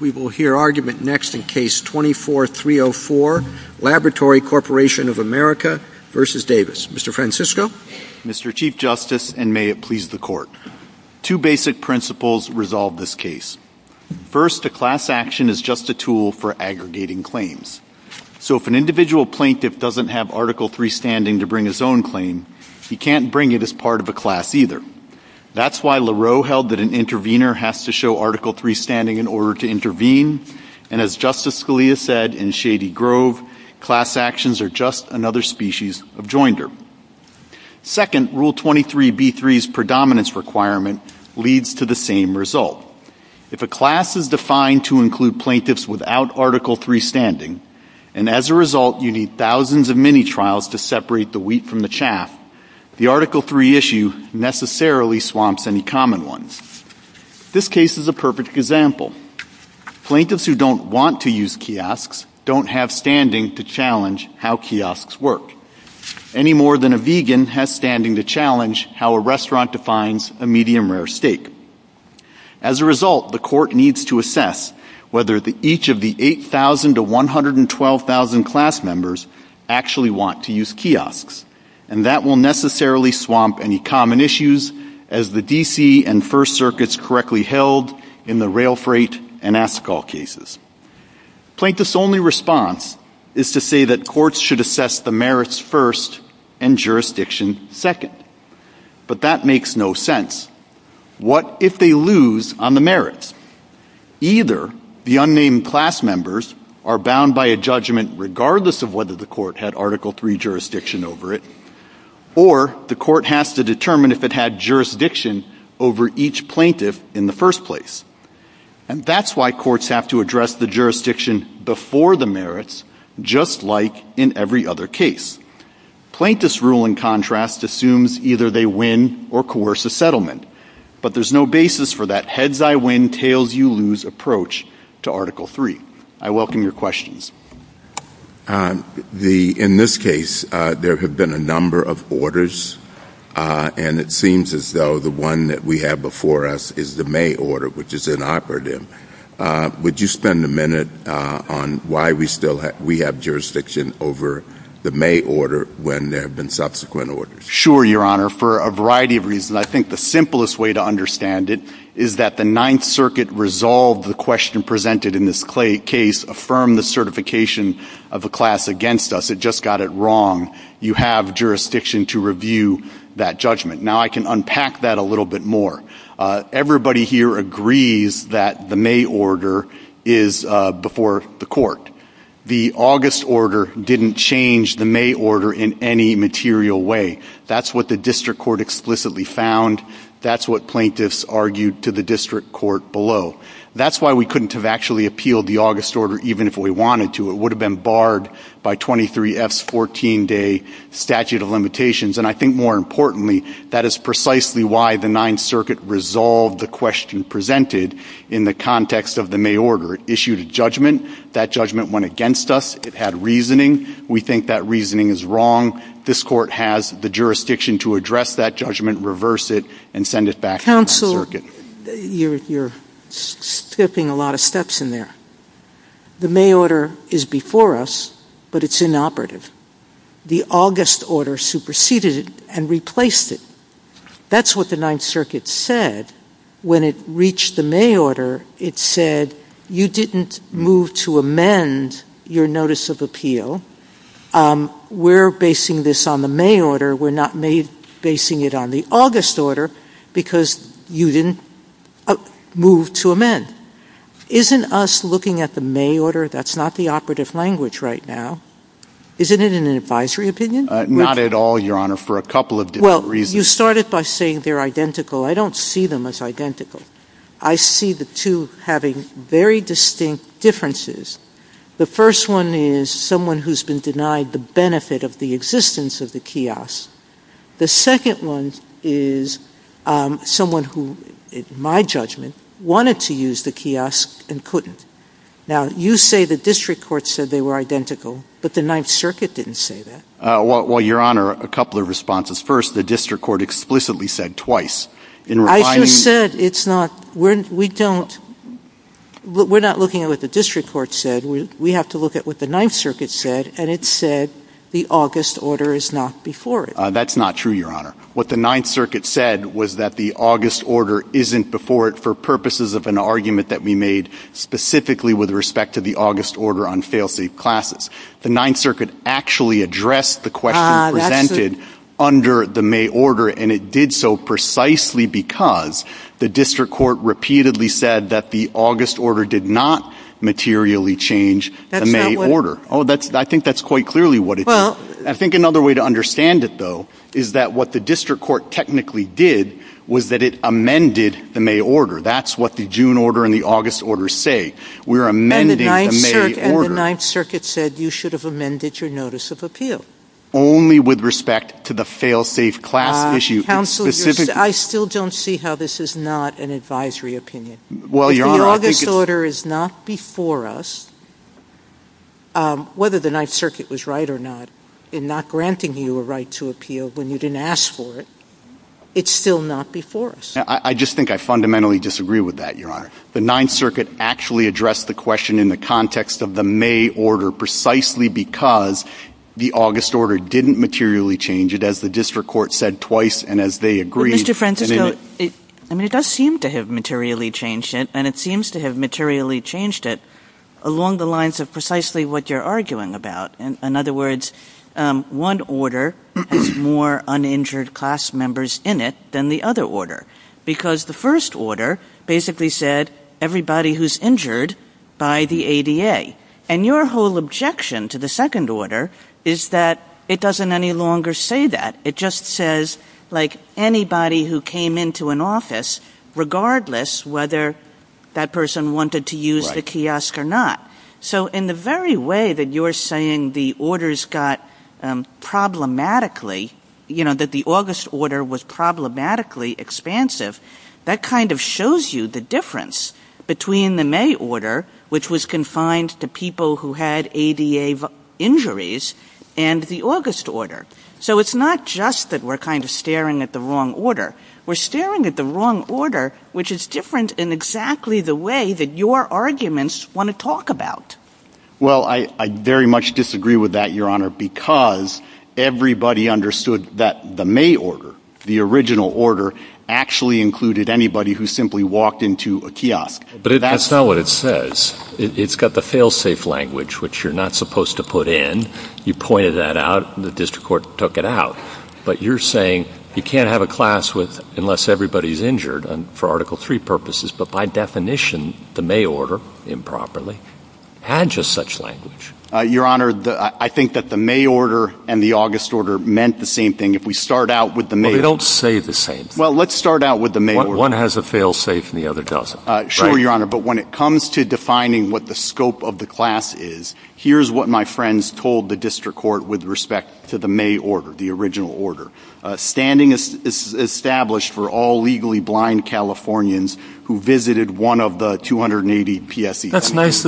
We will hear argument next in Case 24-304, Laboratory Corporation of America v. Davis. Mr. Francisco? Mr. Chief Justice, and may it please the Court, two basic principles resolve this case. First, a class action is just a tool for aggregating claims. So if an individual plaintiff doesn't have Article III standing to bring his own claim, he can't bring it as part of a class either. That's why Lareau held that an intervener has to show Article III standing in order to intervene, and as Justice Scalia said in Shady Grove, class actions are just another species of joinder. Second, Rule 23b-3's predominance requirement leads to the same result. If a class is defined to include plaintiffs without Article III standing, and as a result you need thousands of mini-trials to separate the wheat from the chaff, the Article III issue necessarily swamps any common ones. This case is a perfect example. Plaintiffs who don't want to use kiosks don't have standing to challenge how kiosks work, any more than a vegan has standing to challenge how a restaurant defines a medium-rare steak. As a result, the Court needs to assess whether each of the 8,000 to 112,000 class members actually want to use kiosks, and that will necessarily swamp any common issues as the D.C. and First Circuits correctly held in the Rail Freight and Ascol cases. Plaintiffs' only response is to say that courts should assess the merits first and jurisdictions second. But that makes no sense. What if they lose on the merits? Either the unnamed class members are bound by a judgment regardless of whether the Court had Article III jurisdiction over it, or the Court has to determine if it had jurisdiction over each plaintiff in the first place. And that's why courts have to address the jurisdiction before the merits, just like in every other case. Plaintiffs' rule, in contrast, assumes either they win or coerce a settlement, but there's no basis for that heads-I-win, tails-you-lose approach to Article III. I welcome your questions. In this case, there have been a number of orders, and it seems as though the one that we have before us is the May order, which is inoperative. Would you spend a minute on why we have jurisdiction over the May order when there have been subsequent orders? Sure, Your Honor, for a variety of reasons. And I think the simplest way to understand it is that the Ninth Circuit resolved the question presented in this case, affirmed the certification of a class against us. It just got it wrong. You have jurisdiction to review that judgment. Now, I can unpack that a little bit more. Everybody here agrees that the May order is before the Court. The August order didn't change the May order in any material way. That's what the district court explicitly found. That's what plaintiffs argued to the district court below. That's why we couldn't have actually appealed the August order even if we wanted to. It would have been barred by 23F's 14-day statute of limitations. And I think, more importantly, that is precisely why the Ninth Circuit resolved the question presented in the context of the May order. It issued a judgment. That judgment went against us. It had reasoning. We think that reasoning is wrong. This court has the jurisdiction to address that judgment, reverse it, and send it back to the Ninth Circuit. Counsel, you're skipping a lot of steps in there. The May order is before us, but it's inoperative. The August order superseded it and replaced it. That's what the Ninth Circuit said when it reached the May order. It said, you didn't move to amend your notice of appeal. We're basing this on the May order. We're not basing it on the August order because you didn't move to amend. Isn't us looking at the May order, that's not the operative language right now. Isn't it an advisory opinion? Not at all, Your Honor, for a couple of different reasons. Well, you started by saying they're identical. I don't see them as identical. I see the two having very distinct differences. The first one is someone who's been denied the benefit of the existence of the kiosk. The second one is someone who, in my judgment, wanted to use the kiosk and couldn't. Now, you say the district court said they were identical, but the Ninth Circuit didn't say that. Well, Your Honor, a couple of responses. First, the district court explicitly said twice. I just said we're not looking at what the district court said. We have to look at what the Ninth Circuit said, and it said the August order is not before it. That's not true, Your Honor. What the Ninth Circuit said was that the August order isn't before it for purposes of an argument that we made specifically with respect to the August order on failsafe classes. The Ninth Circuit actually addressed the question presented under the May order, and it did so precisely because the district court repeatedly said that the August order did not materially change the May order. I think that's quite clearly what it did. I think another way to understand it, though, is that what the district court technically did was that it amended the May order. That's what the June order and the August order say. We're amending the May order. And the Ninth Circuit said you should have amended your notice of appeal. Only with respect to the failsafe class issue. Counsel, I still don't see how this is not an advisory opinion. The August order is not before us. Whether the Ninth Circuit was right or not in not granting you a right to appeal when you didn't ask for it, it's still not before us. I just think I fundamentally disagree with that, Your Honor. The Ninth Circuit actually addressed the question in the context of the May order, precisely because the August order didn't materially change it, as the district court said twice and as they agreed. But, Mr. Francisco, it does seem to have materially changed it, and it seems to have materially changed it along the lines of precisely what you're arguing about. In other words, one order has more uninjured class members in it than the other order. Because the first order basically said everybody who's injured by the ADA. And your whole objection to the second order is that it doesn't any longer say that. It just says, like, anybody who came into an office, regardless whether that person wanted to use the kiosk or not. So in the very way that you're saying the orders got problematically, you know, that the August order was problematically expansive, that kind of shows you the difference between the May order, which was confined to people who had ADA injuries, and the August order. So it's not just that we're kind of staring at the wrong order. We're staring at the wrong order, which is different in exactly the way that your arguments want to talk about. Well, I very much disagree with that, Your Honor, because everybody understood that the May order, the original order, actually included anybody who simply walked into a kiosk. But that's not what it says. It's got the fail-safe language, which you're not supposed to put in. You pointed that out, and the district court took it out. But you're saying you can't have a class unless everybody's injured, for Article III purposes. But by definition, the May order, improperly, had just such language. Your Honor, I think that the May order and the August order meant the same thing. If we start out with the May order. They don't say the same thing. Well, let's start out with the May order. One has a fail-safe, and the other doesn't. Sure, Your Honor, but when it comes to defining what the scope of the class is, here's what my friends told the district court with respect to the May order, the original order. That's nice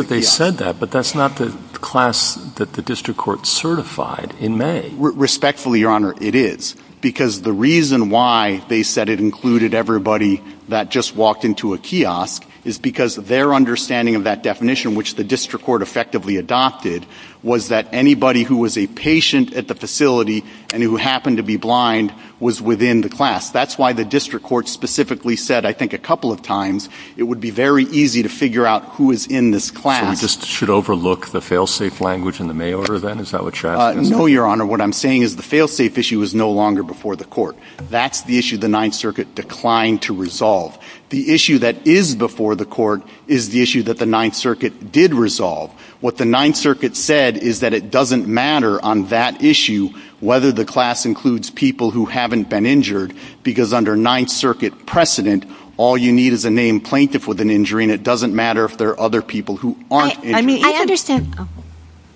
that they said that, but that's not the class that the district court certified in May. Respectfully, Your Honor, it is. Because the reason why they said it included everybody that just walked into a kiosk is because their understanding of that definition, which the district court effectively adopted, was that anybody who was a patient at the facility and who happened to be blind was within the class. That's why the district court specifically said, I think a couple of times, it would be very easy to figure out who is in this class. We just should overlook the fail-safe language in the May order, then? Is that what you're asking? No, Your Honor. What I'm saying is the fail-safe issue is no longer before the court. That's the issue the Ninth Circuit declined to resolve. The issue that is before the court is the issue that the Ninth Circuit did resolve. What the Ninth Circuit said is that it doesn't matter on that issue whether the class includes people who haven't been injured, because under Ninth Circuit precedent, all you need is a named plaintiff with an injury, and it doesn't matter if there are other people who aren't injured.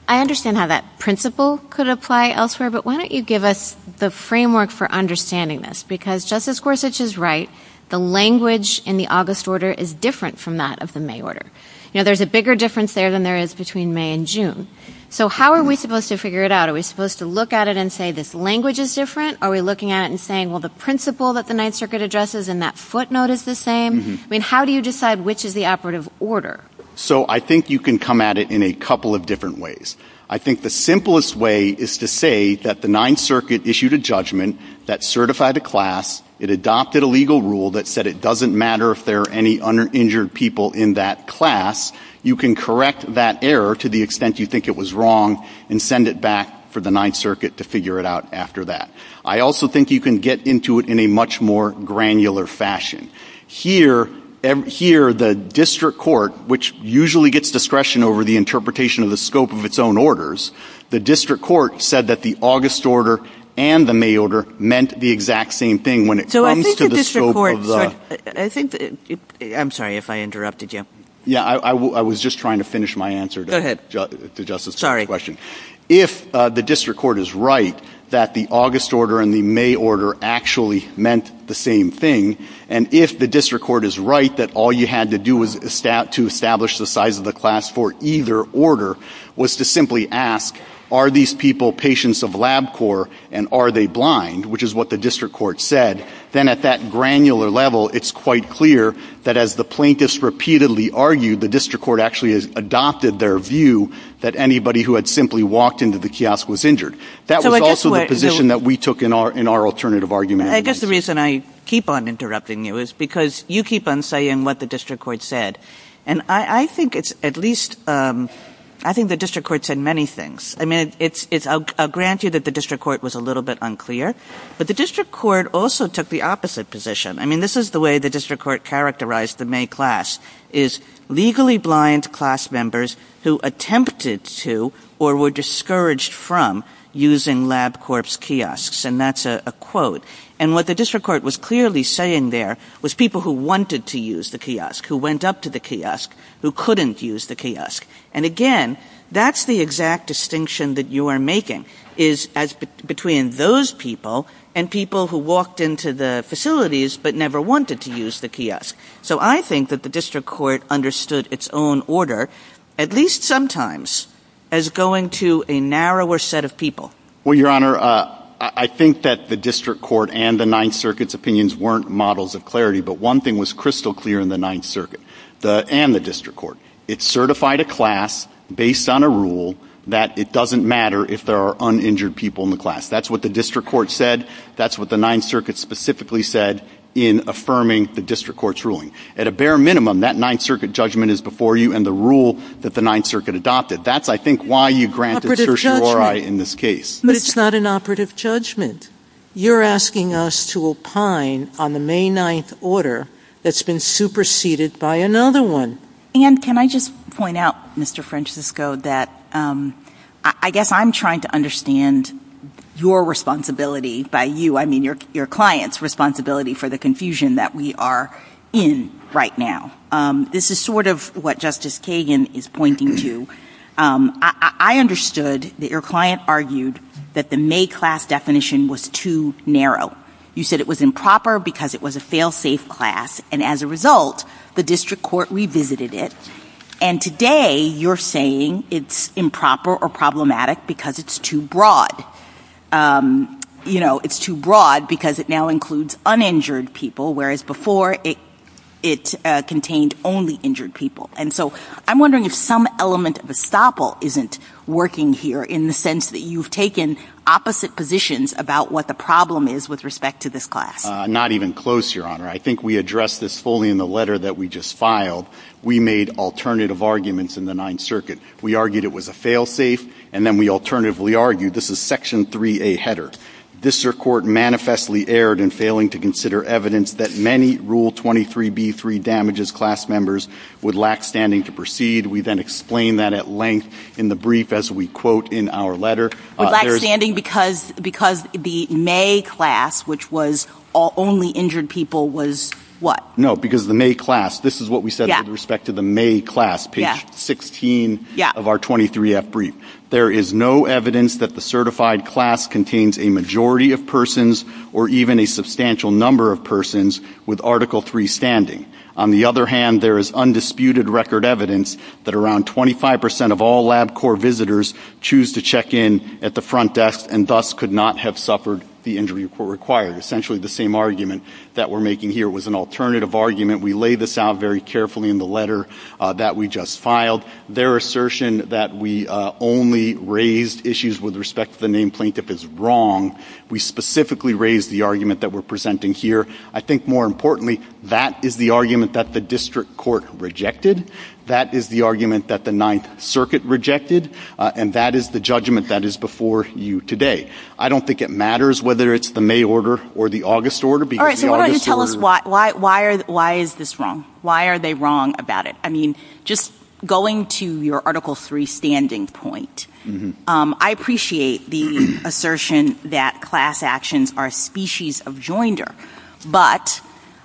I understand how that principle could apply elsewhere, but why don't you give us the framework for understanding this? Because, just as Gorsuch is right, the language in the August order is different from that of the May order. You know, there's a bigger difference there than there is between May and June. So how are we supposed to figure it out? Are we supposed to look at it and say this language is different? Are we looking at it and saying, well, the principle that the Ninth Circuit addresses and that footnote is the same? I mean, how do you decide which is the operative order? So I think you can come at it in a couple of different ways. I think the simplest way is to say that the Ninth Circuit issued a judgment that certified a class, it adopted a legal rule that said it doesn't matter if there are any injured people in that class. You can correct that error to the extent you think it was wrong and send it back for the Ninth Circuit to figure it out after that. I also think you can get into it in a much more granular fashion. Here, the district court, which usually gets discretion over the interpretation of the scope of its own orders, the district court said that the August order and the May order meant the exact same thing when it comes to the scope of the... So I think the district court... I'm sorry if I interrupted you. Yeah, I was just trying to finish my answer to Justice's question. If the district court is right that the August order and the May order actually meant the same thing, and if the district court is right that all you had to do to establish the size of the class for either order was to simply ask, are these people patients of LabCorp and are they blind, which is what the district court said, then at that granular level, it's quite clear that as the plaintiffs repeatedly argued, the district court actually has adopted their view that anybody who had simply walked into the kiosk was injured. That was also the position that we took in our alternative argument. I guess the reason I keep on interrupting you is because you keep on saying what the district court said. And I think it's at least... I think the district court said many things. I mean, I'll grant you that the district court was a little bit unclear, but the district court also took the opposite position. I mean, this is the way the district court characterized the May class is legally blind class members who attempted to or were discouraged from using LabCorp's kiosks, and that's a quote. And what the district court was clearly saying there was people who wanted to use the kiosk, who went up to the kiosk, who couldn't use the kiosk. And again, that's the exact distinction that you are making is between those people and people who walked into the facilities but never wanted to use the kiosk. So I think that the district court understood its own order, at least sometimes, as going to a narrower set of people. Well, Your Honor, I think that the district court and the Ninth Circuit's opinions weren't models of clarity, but one thing was crystal clear in the Ninth Circuit and the district court. It certified a class based on a rule that it doesn't matter if there are uninjured people in the class. That's what the district court said. That's what the Ninth Circuit specifically said in affirming the district court's ruling. At a bare minimum, that Ninth Circuit judgment is before you and the rule that the Ninth Circuit adopted. That's, I think, why you granted certiorari in this case. But it's not an operative judgment. You're asking us to opine on the May 9th order that's been superseded by another one. And can I just point out, Mr. Francisco, that I guess I'm trying to understand your responsibility by you. I mean, your client's responsibility for the confusion that we are in right now. This is sort of what Justice Kagan is pointing to. I understood that your client argued that the May class definition was too narrow. You said it was improper because it was a fail-safe class. And as a result, the district court revisited it. And today you're saying it's improper or problematic because it's too broad. You know, it's too broad because it now includes uninjured people, whereas before it contained only injured people. And so I'm wondering if some element of estoppel isn't working here in the sense that you've taken opposite positions about what the problem is with respect to this class. Not even close, Your Honor. I think we addressed this fully in the letter that we just filed. We made alternative arguments in the Ninth Circuit. We argued it was a fail-safe, and then we alternatively argued this is Section 3A header. District Court manifestly erred in failing to consider evidence that many Rule 23b3 damages class members would lack standing to proceed. We then explained that at length in the brief as we quote in our letter. Lack standing because the May class, which was only injured people, was what? No, because the May class, this is what we said with respect to the May class, page 16 of our 23F brief. There is no evidence that the certified class contains a majority of persons or even a substantial number of persons with Article 3 standing. On the other hand, there is undisputed record evidence that around 25% of all LabCorp visitors choose to check in at the front desk and thus could not have suffered the injury required. Essentially the same argument that we're making here was an alternative argument. We lay this out very carefully in the letter that we just filed. Their assertion that we only raised issues with respect to the named plaintiff is wrong. We specifically raised the argument that we're presenting here. I think more importantly, that is the argument that the district court rejected. That is the argument that the Ninth Circuit rejected. And that is the judgment that is before you today. I don't think it matters whether it's the May order or the August order. All right, so why don't you tell us why is this wrong? Why are they wrong about it? I mean, just going to your Article 3 standing point, I appreciate the assertion that class actions are a species of joinder, but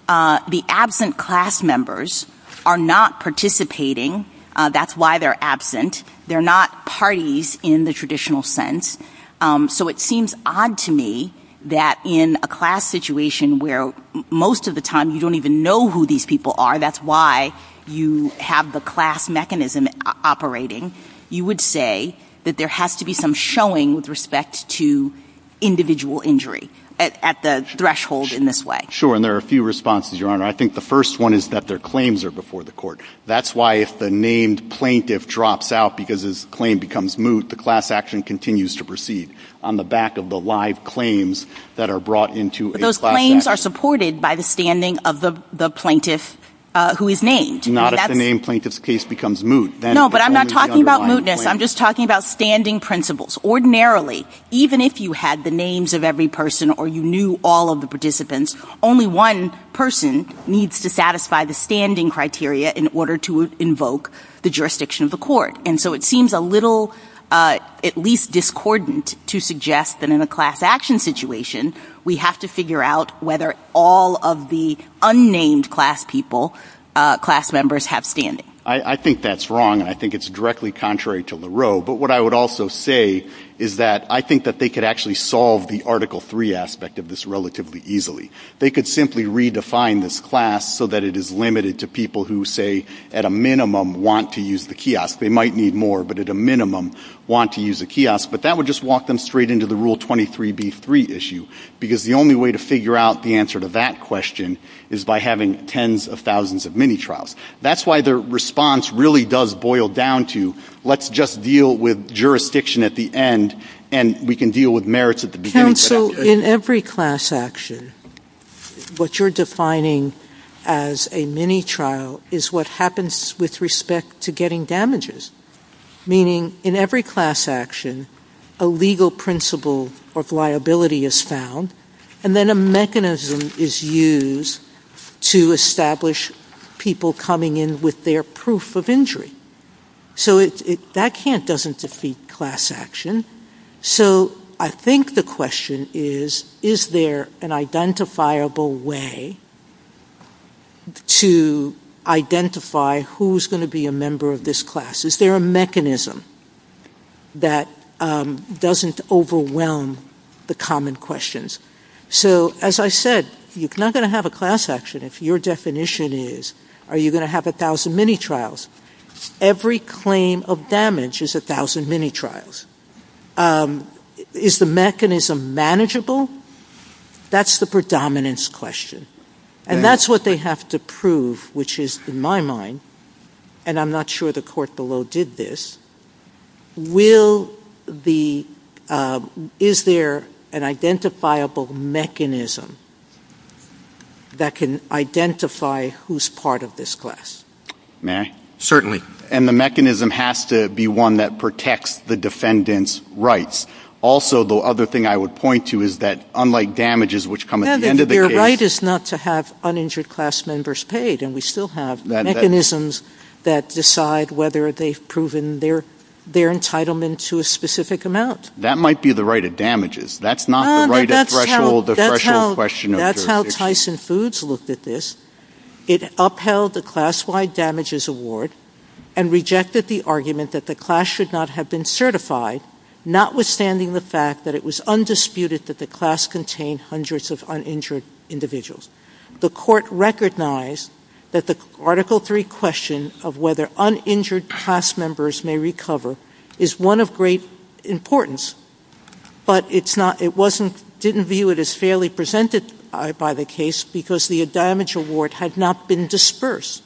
the absent class members are not participating. That's why they're absent. They're not parties in the traditional sense. So it seems odd to me that in a class situation where most of the time you don't even know who these people are, that's why you have the class mechanism operating, you would say that there has to be some showing with respect to individual injury at the threshold in this way. Sure, and there are a few responses, Your Honor. I think the first one is that their claims are before the court. That's why if the named plaintiff drops out because his claim becomes moot, the class action continues to proceed on the back of the live claims that are brought into a class action. But those claims are supported by the standing of the plaintiff who is named. Not if the named plaintiff's case becomes moot. No, but I'm not talking about mootness. I'm just talking about standing principles. Ordinarily, even if you had the names of every person or you knew all of the participants, only one person needs to satisfy the standing criteria in order to invoke the jurisdiction of the court. And so it seems a little at least discordant to suggest that in a class action situation, we have to figure out whether all of the unnamed class people, class members, have standing. I think that's wrong, and I think it's directly contrary to Lareau. But what I would also say is that I think that they could actually solve the Article 3 aspect of this relatively easily. They could simply redefine this class so that it is limited to people who, say, at a minimum, want to use the kiosk. They might need more, but at a minimum, want to use the kiosk. But that would just walk them straight into the Rule 23b-3 issue, because the only way to figure out the answer to that question is by having tens of thousands of mini-trials. That's why the response really does boil down to let's just deal with jurisdiction at the end, and we can deal with merits at the beginning. Counsel, in every class action, what you're defining as a mini-trial is what happens with respect to getting damages, meaning in every class action, a legal principle of liability is found, and then a mechanism is used to establish people coming in with their proof of injury. So that doesn't defeat class action. So I think the question is, is there an identifiable way to identify who's going to be a member of this class? Is there a mechanism that doesn't overwhelm the common questions? So, as I said, you're not going to have a class action if your definition is, are you going to have a thousand mini-trials? Every claim of damage is a thousand mini-trials. Is the mechanism manageable? That's the predominance question, and that's what they have to prove, which is, in my mind, and I'm not sure the court below did this, is there an identifiable mechanism that can identify who's part of this class? Certainly. And the mechanism has to be one that protects the defendant's rights. Also, the other thing I would point to is that unlike damages which come at the end of the case the right is not to have uninjured class members paid, and we still have mechanisms that decide whether they've proven their entitlement to a specific amount. That might be the right of damages. That's not the right of threshold, the threshold question. That's how Tyson Foods looked at this. It upheld the class-wide damages award and rejected the argument that the class should not have been certified, notwithstanding the fact that it was undisputed that the class contained hundreds of uninjured individuals. The court recognized that the Article III question of whether uninjured class members may recover is one of great importance, but it didn't view it as fairly presented by the case because the damage award had not been dispersed,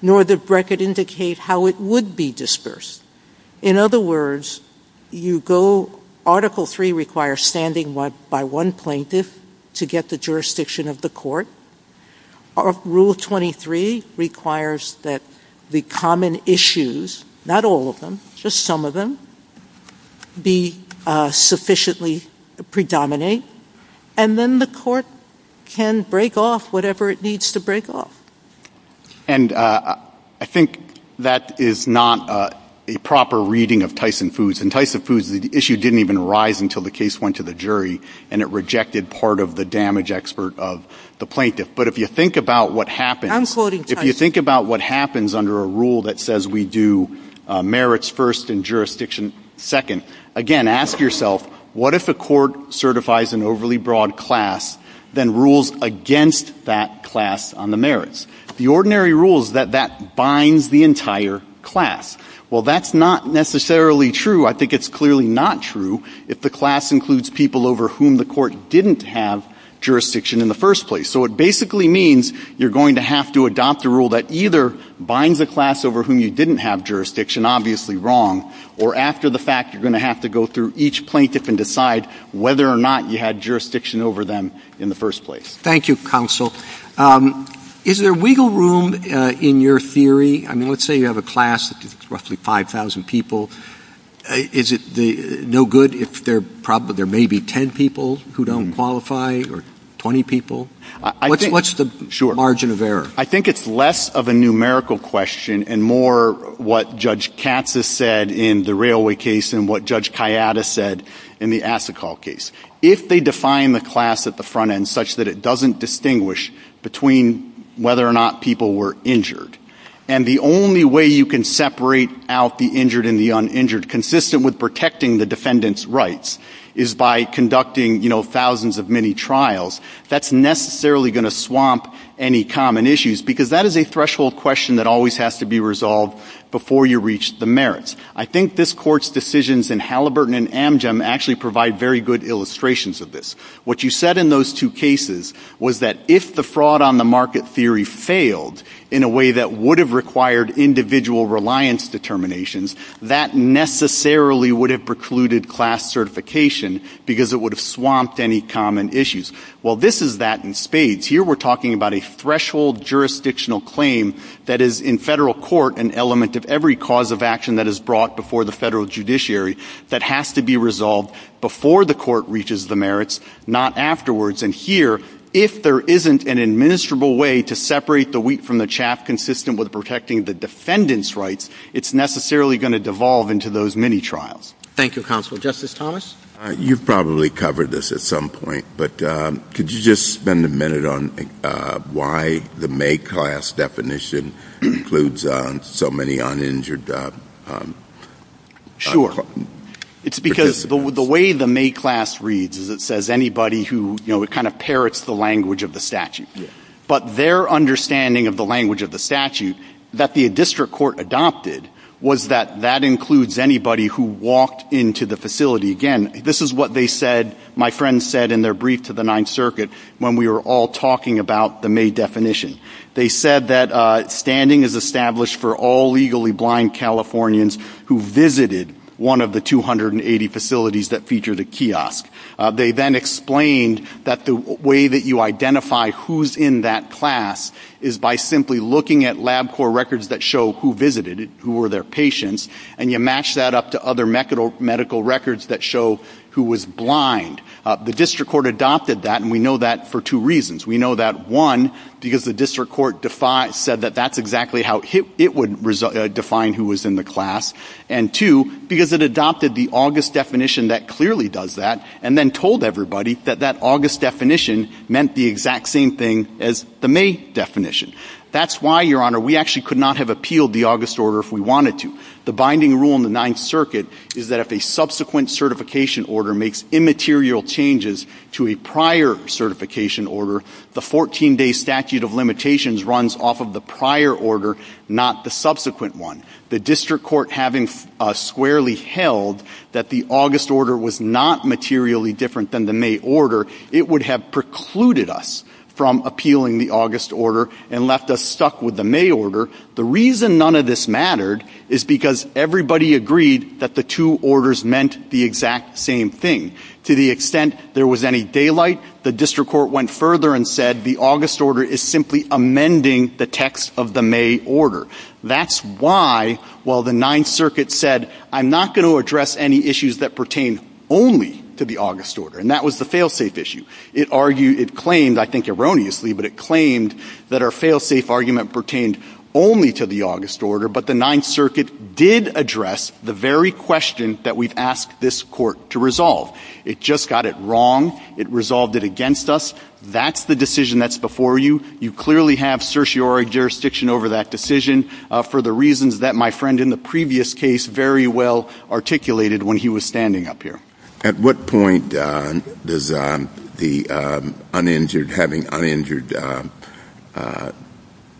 nor did the record indicate how it would be dispersed. In other words, Article III requires standing by one plaintiff to get the jurisdiction of the court. Rule 23 requires that the common issues, not all of them, just some of them, be sufficiently predominant, and then the court can break off whatever it needs to break off. And I think that is not a proper reading of Tyson Foods. In Tyson Foods, the issue didn't even rise until the case went to the jury, and it rejected part of the damage expert of the plaintiff. But if you think about what happens under a rule that says we do merits first and jurisdiction second, again, ask yourself, what if the court certifies an overly broad class than rules against that class on the merits? The ordinary rule is that that binds the entire class. Well, that's not necessarily true. I think it's clearly not true if the class includes people over whom the court didn't have jurisdiction in the first place. So it basically means you're going to have to adopt a rule that either binds the class over whom you didn't have jurisdiction, obviously wrong, or after the fact, you're going to have to go through each plaintiff and decide whether or not you had jurisdiction over them in the first place. Thank you, counsel. Is there wiggle room in your theory? I mean, let's say you have a class that's roughly 5,000 people. Is it no good if there may be 10 people who don't qualify or 20 people? What's the margin of error? I think it's less of a numerical question and more what Judge Katz has said in the Railway case and what Judge Kayada said in the Asikal case. If they define the class at the front end such that it doesn't distinguish between whether or not people were injured, and the only way you can separate out the injured and the uninjured, consistent with protecting the defendant's rights, is by conducting, you know, thousands of mini-trials, that's necessarily going to swamp any common issues because that is a threshold question that always has to be resolved before you reach the merits. I think this Court's decisions in Halliburton and Amgem actually provide very good illustrations of this. What you said in those two cases was that if the fraud on the market theory failed in a way that would have required individual reliance determinations, that necessarily would have precluded class certification because it would have swamped any common issues. Well, this is that in spades. Here we're talking about a threshold jurisdictional claim that is, in federal court, an element of every cause of action that is brought before the federal judiciary that has to be resolved before the court reaches the merits, not afterwards. And here, if there isn't an administrable way to separate the wheat from the chaff, consistent with protecting the defendant's rights, it's necessarily going to devolve into those mini-trials. Thank you, Counsel. Justice Thomas? You probably covered this at some point, but could you just spend a minute on why the May class definition includes so many uninjured? Sure. It's because the way the May class reads is it says anybody who, you know, it kind of parrots the language of the statute. But their understanding of the language of the statute that the district court adopted was that that includes anybody who walked into the facility. Again, this is what they said, my friends said in their brief to the Ninth Circuit, when we were all talking about the May definition. They said that standing is established for all legally blind Californians who visited one of the 280 facilities that featured a kiosk. They then explained that the way that you identify who's in that class is by simply looking at LabCorp records that show who visited it, who were their patients, and you match that up to other medical records that show who was blind. The district court adopted that, and we know that for two reasons. We know that, one, because the district court said that that's exactly how it would define who was in the class, and two, because it adopted the August definition that clearly does that and then told everybody that that August definition meant the exact same thing as the May definition. That's why, Your Honor, we actually could not have appealed the August order if we wanted to. The binding rule in the Ninth Circuit is that if a subsequent certification order makes immaterial changes to a prior certification order, the 14-day statute of limitations runs off of the prior order, not the subsequent one. The district court having squarely held that the August order was not materially different than the May order, it would have precluded us from appealing the August order and left us stuck with the May order. The reason none of this mattered is because everybody agreed that the two orders meant the exact same thing. To the extent there was any daylight, the district court went further and said the August order is simply amending the text of the May order. That's why, while the Ninth Circuit said I'm not going to address any issues that pertain only to the August order, and that was the fail-safe issue, it argued, it claimed, I think erroneously, but it claimed that our fail-safe argument pertained only to the August order, but the Ninth Circuit did address the very question that we've asked this court to resolve. It just got it wrong. It resolved it against us. That's the decision that's before you. You clearly have certiorari jurisdiction over that decision for the reasons that my friend in the previous case very well articulated when he was standing up here. At what point does having uninjured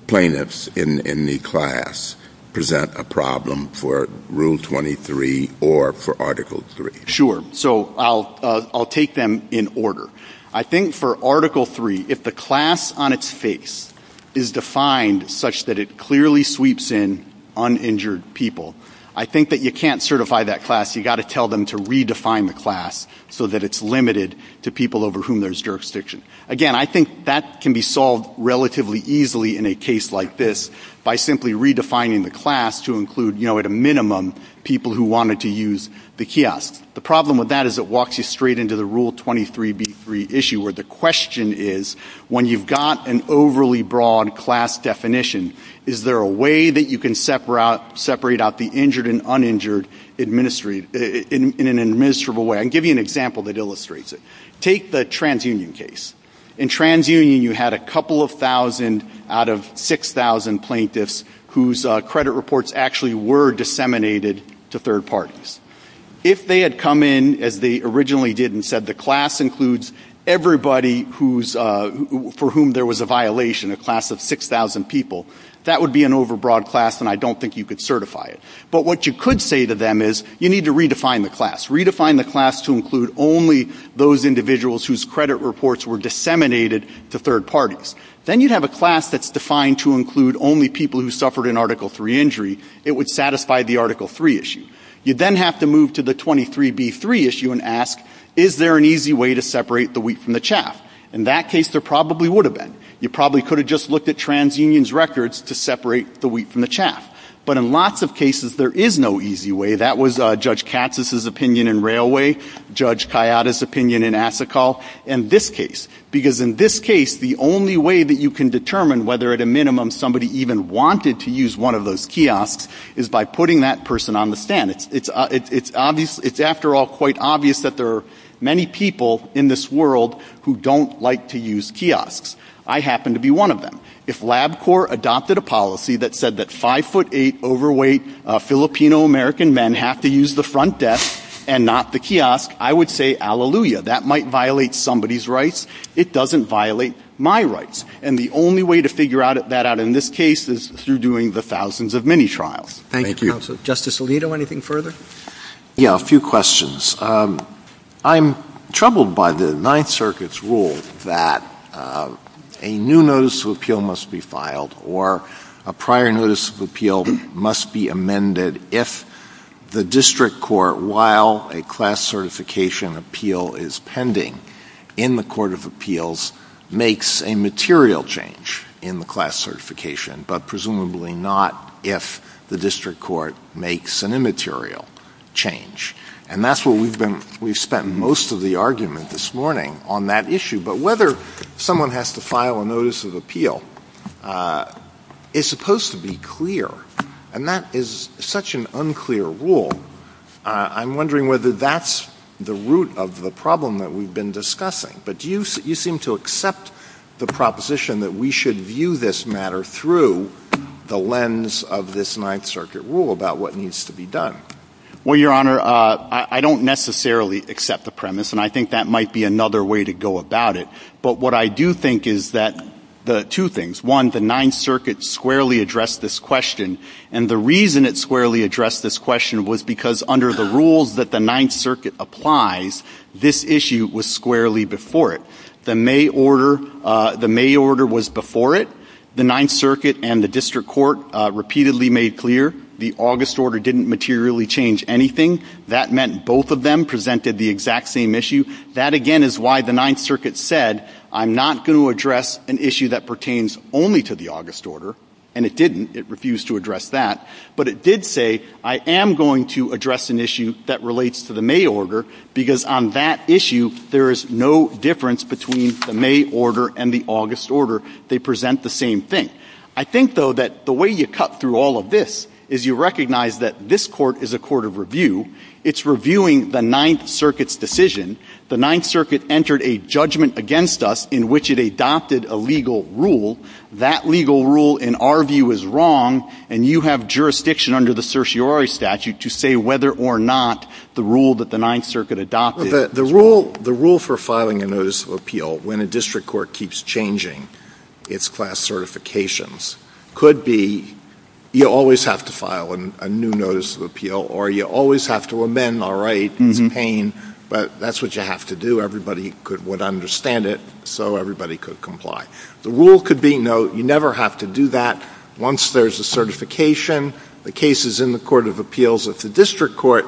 plaintiffs in the class present a problem for Rule 23 or for Article III? Sure. So I'll take them in order. I think for Article III, if the class on its face is defined such that it clearly sweeps in uninjured people, I think that you can't certify that class. You've got to tell them to redefine the class so that it's limited to people over whom there's jurisdiction. Again, I think that can be solved relatively easily in a case like this by simply redefining the class to include, you know, at a minimum, people who wanted to use the kiosk. The problem with that is it walks you straight into the Rule 23B3 issue, where the question is, when you've got an overly broad class definition, is there a way that you can separate out the injured and uninjured in an administrable way? I'll give you an example that illustrates it. Take the TransUnion case. In TransUnion, you had a couple of thousand out of 6,000 plaintiffs whose credit reports actually were disseminated to third parties. If they had come in, as they originally did and said, the class includes everybody for whom there was a violation, a class of 6,000 people, that would be an overbroad class, and I don't think you could certify it. But what you could say to them is, you need to redefine the class. Redefine the class to include only those individuals whose credit reports were disseminated to third parties. Then you'd have a class that's defined to include only people who suffered an Article III injury. It would satisfy the Article III issue. You'd then have to move to the 23B3 issue and ask, is there an easy way to separate the wheat from the chaff? In that case, there probably would have been. You probably could have just looked at TransUnion's records to separate the wheat from the chaff. But in lots of cases, there is no easy way. That was Judge Katsas' opinion in Railway, Judge Kayada's opinion in Asikal, and this case. Because in this case, the only way that you can determine whether at a minimum somebody even wanted to use one of those kiosks is by putting that person on the stand. It's after all quite obvious that there are many people in this world who don't like to use kiosks. I happen to be one of them. If LabCorp adopted a policy that said that 5'8 overweight Filipino-American men have to use the front desk and not the kiosk, I would say, hallelujah. That might violate somebody's rights. It doesn't violate my rights. And the only way to figure that out in this case is through doing the thousands of mini-trials. Thank you. Justice Alito, anything further? Yeah, a few questions. I'm troubled by the Ninth Circuit's rule that a new notice of appeal must be filed or a prior notice of appeal must be amended if the district court, while a class certification appeal is pending in the court of appeals, makes a material change in the class certification, but presumably not if the district court makes an immaterial change. And that's where we've spent most of the argument this morning on that issue. But whether someone has to file a notice of appeal is supposed to be clear, and that is such an unclear rule. I'm wondering whether that's the root of the problem that we've been discussing. But do you seem to accept the proposition that we should view this matter through the lens of this Ninth Circuit rule about what needs to be done? Well, Your Honor, I don't necessarily accept the premise, and I think that might be another way to go about it. But what I do think is that two things. One, the Ninth Circuit squarely addressed this question, and the reason it squarely addressed this question was because under the rules that the Ninth Circuit applies, this issue was squarely before it. The May order was before it. The Ninth Circuit and the district court repeatedly made clear the August order didn't materially change anything. That meant both of them presented the exact same issue. That, again, is why the Ninth Circuit said, I'm not going to address an issue that pertains only to the August order, and it didn't. It refused to address that. But it did say, I am going to address an issue that relates to the May order, because on that issue, there is no difference between the May order and the August order. They present the same thing. I think, though, that the way you cut through all of this is you recognize that this court is a court of review. It's reviewing the Ninth Circuit's decision. The Ninth Circuit entered a judgment against us in which it adopted a legal rule. That legal rule, in our view, is wrong, and you have jurisdiction under the certiorari statute to say whether or not the rule that the Ninth Circuit adopted. The rule for filing a notice of appeal, when a district court keeps changing its class certifications, could be you always have to file a new notice of appeal, or you always have to amend, all right. It's a pain, but that's what you have to do. Everybody would understand it, so everybody could comply. The rule could be, no, you never have to do that. Once there's a certification, the case is in the court of appeals. If the district court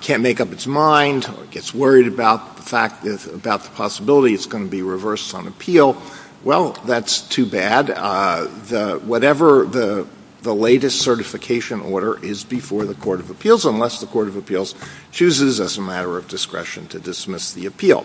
can't make up its mind or gets worried about the possibility it's going to be reversed on appeal, well, that's too bad. Whatever the latest certification order is before the court of appeals, unless the court of appeals chooses, as a matter of discretion, to dismiss the appeal.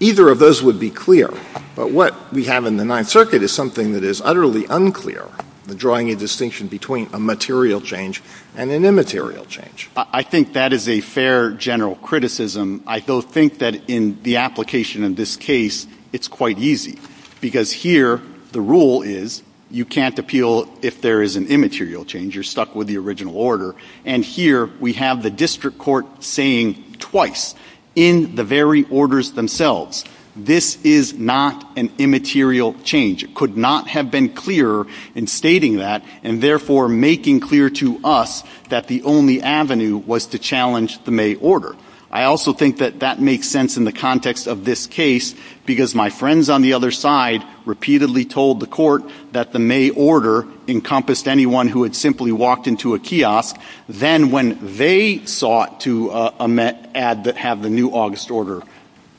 Either of those would be clear. But what we have in the Ninth Circuit is something that is utterly unclear, the drawing a distinction between a material change and an immaterial change. I think that is a fair general criticism. I do think that in the application in this case, it's quite easy, because here the rule is you can't appeal if there is an immaterial change. You're stuck with the original order. And here we have the district court saying twice, in the very orders themselves, this is not an immaterial change. It could not have been clearer in stating that, and therefore making clear to us that the only avenue was to challenge the May order. I also think that that makes sense in the context of this case, because my friends on the other side repeatedly told the court that the May order encompassed anyone who had simply walked into a kiosk, then when they sought to have the new August order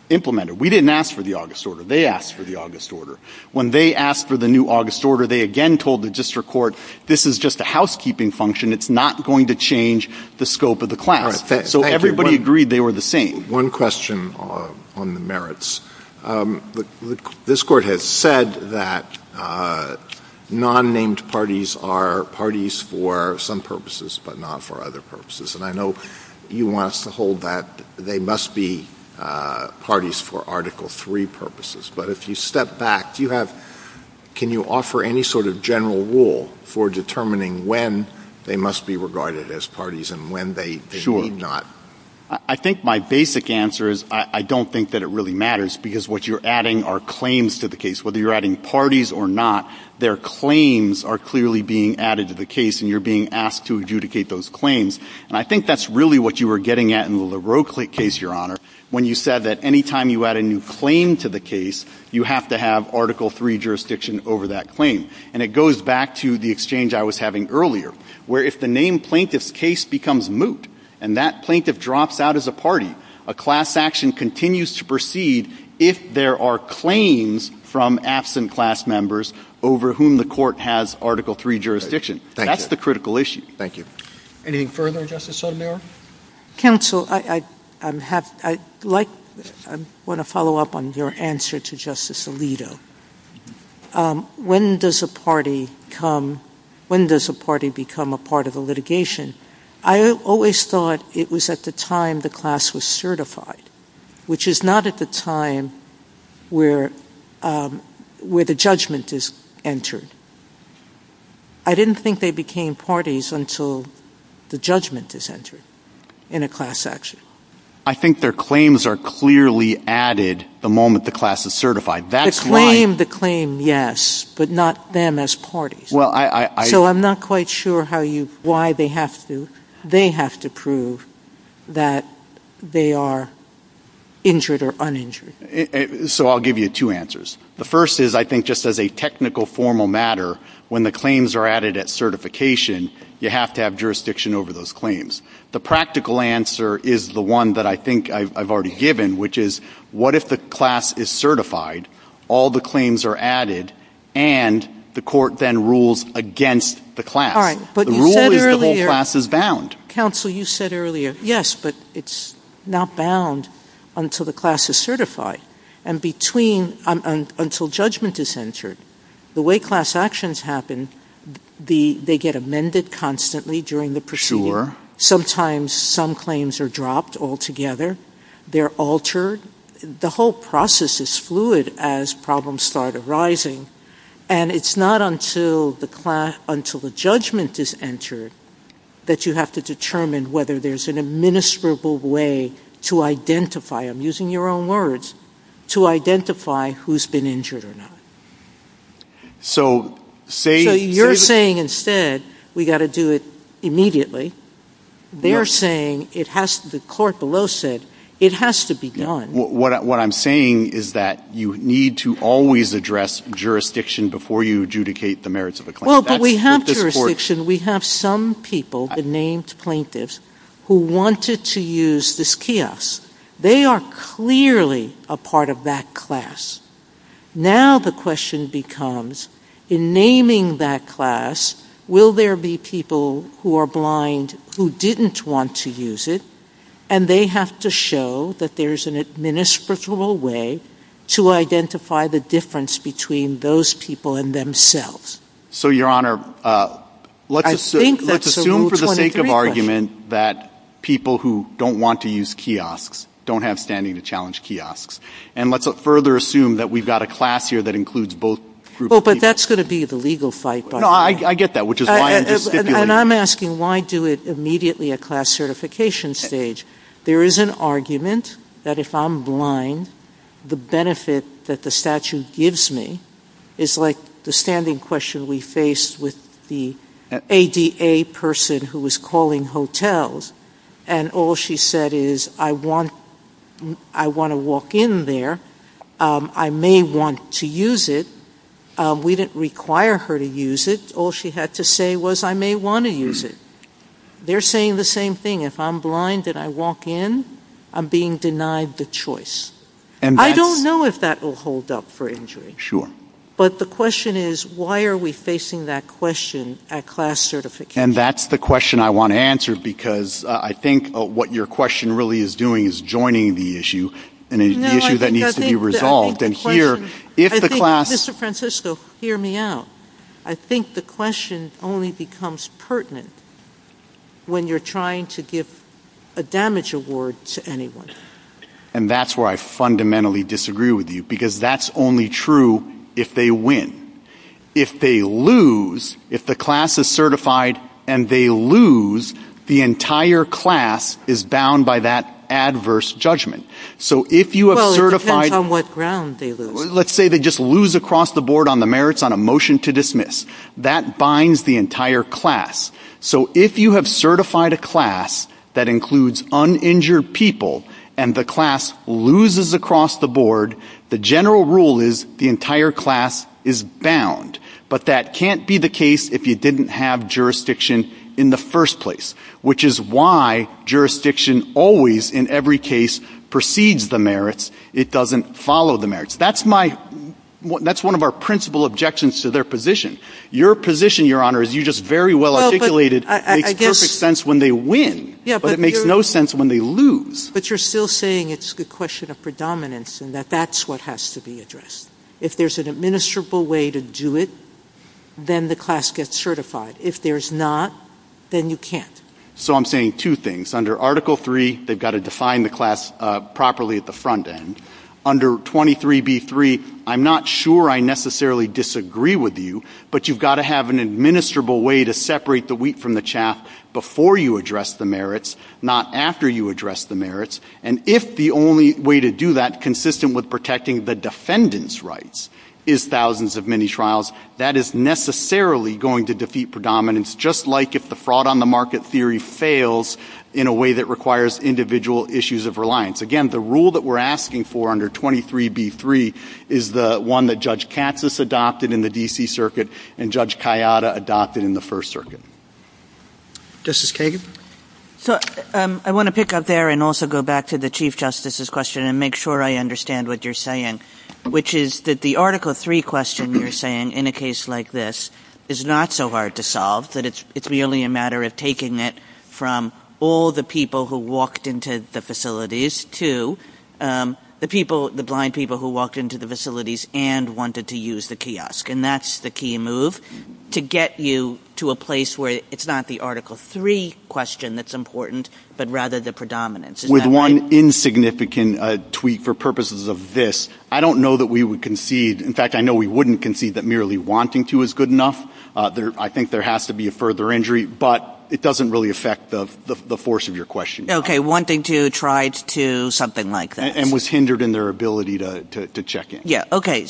implemented. We didn't ask for the August order. They asked for the August order. When they asked for the new August order, they again told the district court, this is just a housekeeping function. It's not going to change the scope of the claim. So everybody agreed they were the same. One question on the merits. This court has said that non-named parties are parties for some purposes, but not for other purposes. And I know you want us to hold that they must be parties for Article III purposes. But if you step back, can you offer any sort of general rule for determining when they must be regarded as parties and when they need not? I think my basic answer is I don't think that it really matters, because what you're adding are claims to the case. Whether you're adding parties or not, their claims are clearly being added to the case, and you're being asked to adjudicate those claims. And I think that's really what you were getting at in the LaRocle case, Your Honor, when you said that any time you add a new claim to the case, you have to have Article III jurisdiction over that claim. And it goes back to the exchange I was having earlier, where if the name plaintiff's case becomes moot, and that plaintiff drops out as a party, a class action continues to proceed if there are claims from absent class members over whom the court has Article III jurisdiction. That's the critical issue. Thank you. Anything further, Justice Sotomayor? Counsel, I want to follow up on your answer to Justice Alito. When does a party become a part of the litigation? I always thought it was at the time the class was certified, which is not at the time where the judgment is entered. I didn't think they became parties until the judgment is entered in a class action. I think their claims are clearly added the moment the class is certified. To claim the claim, yes, but not them as parties. So I'm not quite sure why they have to. They have to prove that they are injured or uninjured. So I'll give you two answers. The first is I think just as a technical, formal matter, when the claims are added at certification, you have to have jurisdiction over those claims. The practical answer is the one that I think I've already given, which is what if the class is certified, all the claims are added, and the court then rules against the class. The rule is the whole class is bound. Counsel, you said earlier, yes, but it's not bound until the class is certified, and between, until judgment is entered. The way class actions happen, they get amended constantly during the procedure. Sometimes some claims are dropped altogether. They're altered. The whole process is fluid as problems start arising, and it's not until the judgment is entered that you have to determine whether there's an administrable way to identify, I'm using your own words, to identify who's been injured or not. So you're saying instead we've got to do it immediately. They're saying it has to, the court below said it has to be done. What I'm saying is that you need to always address jurisdiction before you adjudicate the merits of the claim. Well, but we have jurisdiction. We have some people, the named plaintiffs, who wanted to use this kiosk. They are clearly a part of that class. Now the question becomes in naming that class, will there be people who are blind who didn't want to use it, and they have to show that there's an administrative way to identify the difference between those people and themselves. So, Your Honor, let's assume for the sake of argument that people who don't want to use kiosks don't have standing to challenge kiosks, and let's further assume that we've got a class here that includes both groups. Oh, but that's going to be the legal fight. No, I get that, which is why I'm just stipulating. And I'm asking why do it immediately at class certification stage. There is an argument that if I'm blind, the benefit that the statute gives me is like the standing question we faced with the ADA person who was calling hotels, and all she said is, I want to walk in there, I may want to use it. We didn't require her to use it. All she had to say was, I may want to use it. They're saying the same thing. If I'm blind and I walk in, I'm being denied the choice. I don't know if that will hold up for injury. Sure. But the question is, why are we facing that question at class certification? And that's the question I want to answer, because I think what your question really is doing is joining the issue, and the issue that needs to be resolved. Mr. Francisco, hear me out. I think the question only becomes pertinent when you're trying to give a damage award to anyone. And that's where I fundamentally disagree with you, because that's only true if they win. If they lose, if the class is certified and they lose, the entire class is bound by that adverse judgment. Well, it depends on what ground they lose. Let's say they just lose across the board on the merits on a motion to dismiss. That binds the entire class. So if you have certified a class that includes uninjured people and the class loses across the board, the general rule is the entire class is bound. But that can't be the case if you didn't have jurisdiction in the first place, which is why jurisdiction always, in every case, precedes the merits. It doesn't follow the merits. That's one of our principal objections to their position. Your position, Your Honor, as you just very well articulated, makes perfect sense when they win, but it makes no sense when they lose. But you're still saying it's a question of predominance and that that's what has to be addressed. If there's an administrable way to do it, then the class gets certified. If there's not, then you can't. So I'm saying two things. Under Article III, they've got to define the class properly at the front end. Under 23B3, I'm not sure I necessarily disagree with you, but you've got to have an administrable way to separate the wheat from the chaff before you address the merits, not after you address the merits. And if the only way to do that, consistent with protecting the defendant's rights, is thousands of mini-trials, that is necessarily going to defeat predominance, just like if the fraud-on-the-market theory fails in a way that requires individual issues of reliance. Again, the rule that we're asking for under 23B3 is the one that Judge Katz has adopted in the D.C. Circuit and Judge Kayada adopted in the First Circuit. Justice Kagan? I want to pick up there and also go back to the Chief Justice's question and make sure I understand what you're saying, which is that the Article III question you're saying in a case like this is not so hard to solve, that it's merely a matter of taking it from all the people who walked into the facilities to the blind people who walked into the facilities and wanted to use the kiosk. And that's the key move, to get you to a place where it's not the Article III question that's important, but rather the predominance. With one insignificant tweak for purposes of this, I don't know that we would concede... In fact, I know we wouldn't concede that merely wanting to is good enough. I think there has to be a further injury, but it doesn't really affect the force of your question. OK, wanting to tried to something like that. And was hindered in their ability to check in. Yeah, OK.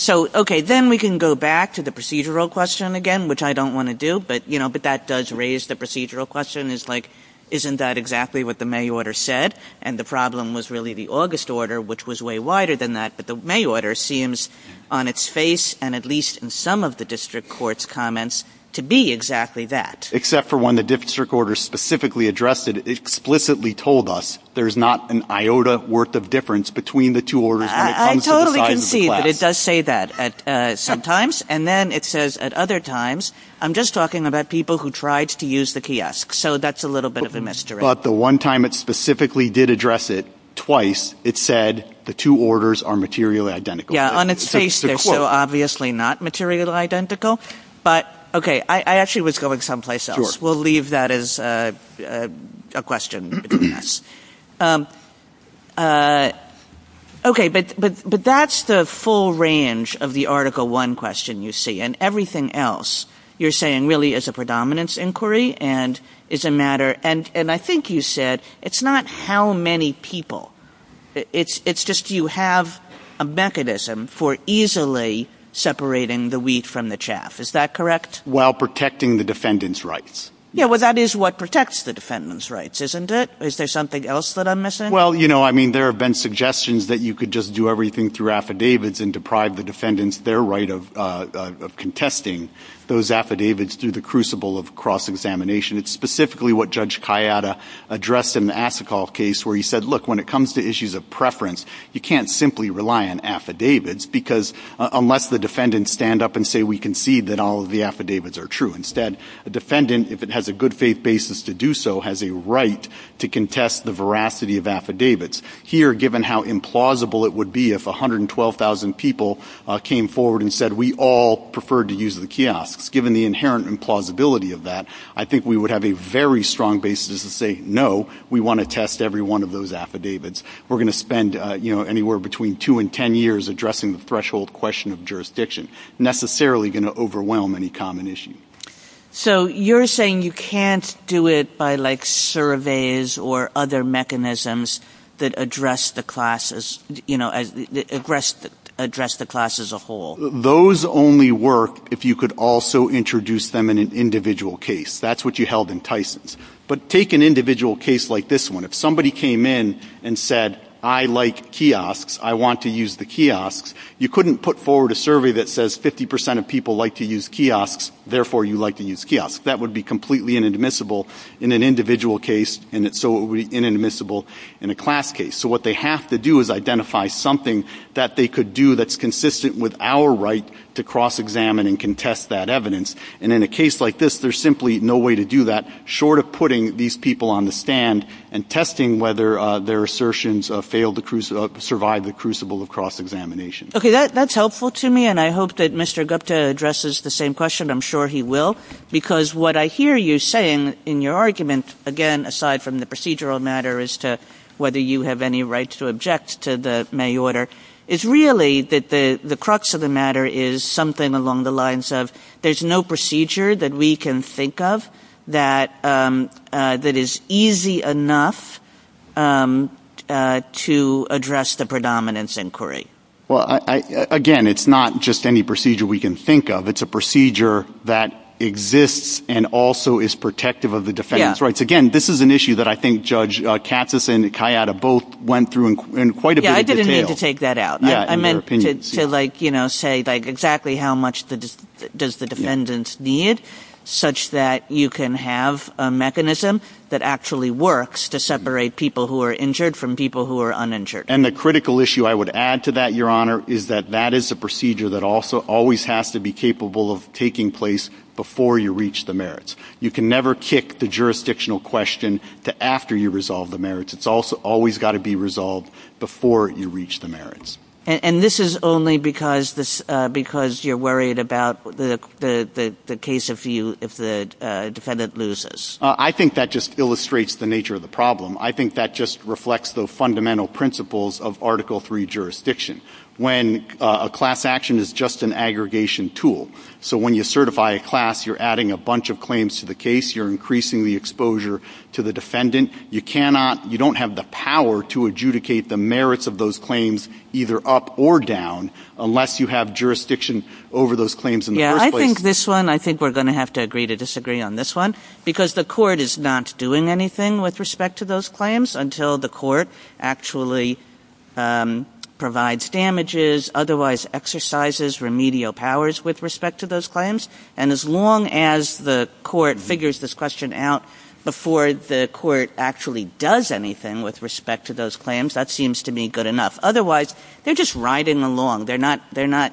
Then we can go back to the procedural question again, which I don't want to do, but that does raise the procedural question, and the procedural question is like, isn't that exactly what the May order said? And the problem was really the August order, which was way wider than that, but the May order seems on its face, and at least in some of the district court's comments, to be exactly that. Except for when the district order specifically addressed it, explicitly told us there's not an iota worth of difference between the two orders when it comes to the size of the class. I totally concede that it does say that at some times, and then it says at other times, I'm just talking about people who tried to use the kiosk, so that's a little bit of a mystery. But the one time it specifically did address it, twice, it said the two orders are materially identical. Yeah, on its face they're so obviously not materially identical. But, OK, I actually was going someplace else. We'll leave that as a question. OK, but that's the full range of the Article I question you see, and everything else you're saying really is a predominance inquiry, and is a matter... And I think you said it's not how many people. It's just you have a mechanism for easily separating the wheat from the chaff, is that correct? While protecting the defendant's rights. Yeah, well, that is what protects the defendant's rights, isn't it? Is there something else that I'm missing? Well, you know, I mean, there have been suggestions that you could just do everything through affidavits and deprive the defendants their right of contesting those affidavits through the crucible of cross-examination. It's specifically what Judge Kayada addressed in the Asikal case, where he said, look, when it comes to issues of preference, you can't simply rely on affidavits, because unless the defendants stand up and say, we concede that all of the affidavits are true. Instead, a defendant, if it has a good faith basis to do so, has a right to contest the veracity of affidavits. Here, given how implausible it would be if 112,000 people came forward and said, we all prefer to use the kiosks, given the inherent implausibility of that, I think we would have a very strong basis to say, no, we want to test every one of those affidavits. We're going to spend anywhere between two and ten years addressing the threshold question of jurisdiction. Necessarily going to overwhelm any common issue. So you're saying you can't do it by, like, surveys or other mechanisms that address the class as a whole? Those only work if you could also introduce them in an individual case. That's what you held in Tyson's. But take an individual case like this one. If somebody came in and said, I like kiosks, I want to use the kiosks, you couldn't put forward a survey that says 50% of people like to use kiosks, therefore you like to use kiosks. That would be completely inadmissible in an individual case, so inadmissible in a class case. So what they have to do is identify something that they could do that's consistent with our right to cross-examine and contest that evidence. And in a case like this, there's simply no way to do that, short of putting these people on the stand and testing whether their assertions survive the crucible of cross-examination. Okay, that's helpful to me, and I hope that Mr. Gupta addresses the same question. I'm sure he will. Because what I hear you saying in your argument, again, aside from the procedural matter as to whether you have any rights to object to the May order, is really that the crux of the matter is something along the lines of there's no procedure that we can think of that is easy enough to address the predominance inquiry. Well, again, it's not just any procedure we can think of. It's a procedure that exists and also is protective of the defendant's rights. Again, this is an issue that I think Judge Katsas and Kayata both went through in quite a bit of detail. Yeah, I didn't mean to take that out. I meant to say exactly how much does the defendant need such that you can have a mechanism that actually works to separate people who are injured from people who are uninjured. And the critical issue I would add to that, Your Honor, is that that is a procedure that also always has to be capable of taking place before you reach the merits. You can never kick the jurisdictional question to after you resolve the merits. It's also always got to be resolved before you reach the merits. And this is only because you're worried about the case of you if the defendant loses. I think that just illustrates the nature of the problem. I think that just reflects the fundamental principles of Article III jurisdiction. When a class action is just an aggregation tool. So when you certify a class, you're adding a bunch of claims to the case. You're increasing the exposure to the defendant. You cannot, you don't have the power to adjudicate the merits of those claims either up or down unless you have jurisdiction over those claims in the first place. Yeah, I think this one, I think we're going to have to agree to disagree on this one because the court is not doing anything with respect to those claims until the court actually provides damages, otherwise exercises remedial powers with respect to those claims. And as long as the court figures this question out before the court actually does anything with respect to those claims, that seems to be good enough. Otherwise, they're just riding along. They're not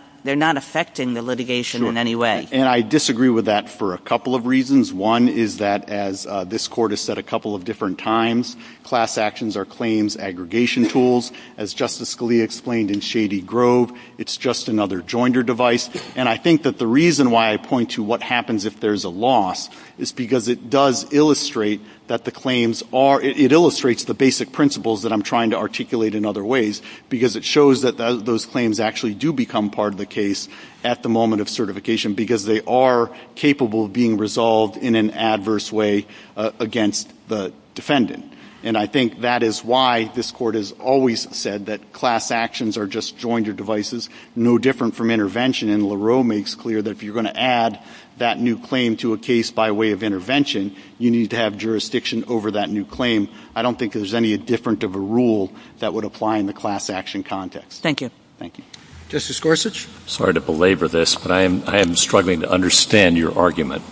affecting the litigation in any way. And I disagree with that for a couple of reasons. One is that as this court has said a couple of different times, class actions are claims aggregation tools. As Justice Scalia explained in Shady Grove, it's just another joinder device. And I think that the reason why I point to what happens if there's a loss is because it does illustrate that the claims are, it illustrates the basic principles that I'm trying to articulate in other ways because it shows that those claims actually do become part of the case at the moment of certification because they are capable of being resolved in an adverse way against the defendant. And I think that is why this court has always said that class actions are just joinder devices, no different from intervention. And LaRoe makes clear that if you're going to add that new claim to a case by way of intervention, you need to have jurisdiction over that new claim. I don't think there's any different of a rule that would apply in the class action context. Thank you. Thank you. Justice Gorsuch? Sorry to belabor this, but I am struggling to understand your argument.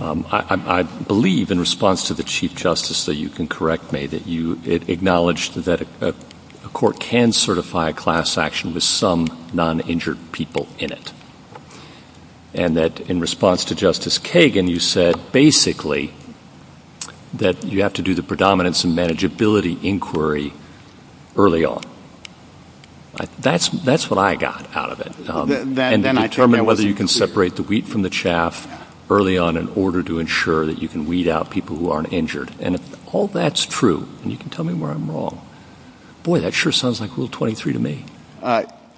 I believe in response to the Chief Justice, so you can correct me, that you acknowledge that a court can certify class action with some non-injured people in it. And that in response to Justice Kagan, you said basically that you have to do the predominance and manageability inquiry early on. That's what I got out of it. And determine whether you can separate the wheat from the chaff early on in order to ensure that you can weed out people who aren't injured. And if all that's true, and you can tell me where I'm wrong, boy, that sure sounds like Rule 23 to me.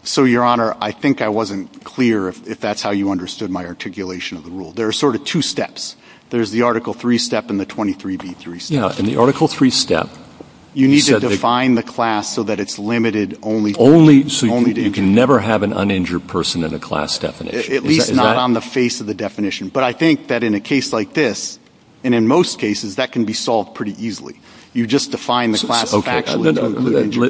So, Your Honor, I think I wasn't clear if that's how you understood my articulation of the rule. There are sort of two steps. There's the Article 3 step and the 23b3 step. Yeah, and the Article 3 step... You need to define the class so that it's limited only... Only so you can never have an uninjured person in a class definition. At least not on the face of the definition. But I think that in a case like this, and in most cases, that can be solved pretty easily. You just define the class...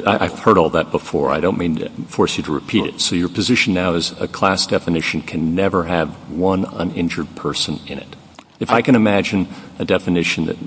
I've heard all that before. I don't mean to force you to repeat it. So your position now is a class definition can never have one uninjured person in it. If I can imagine a definition that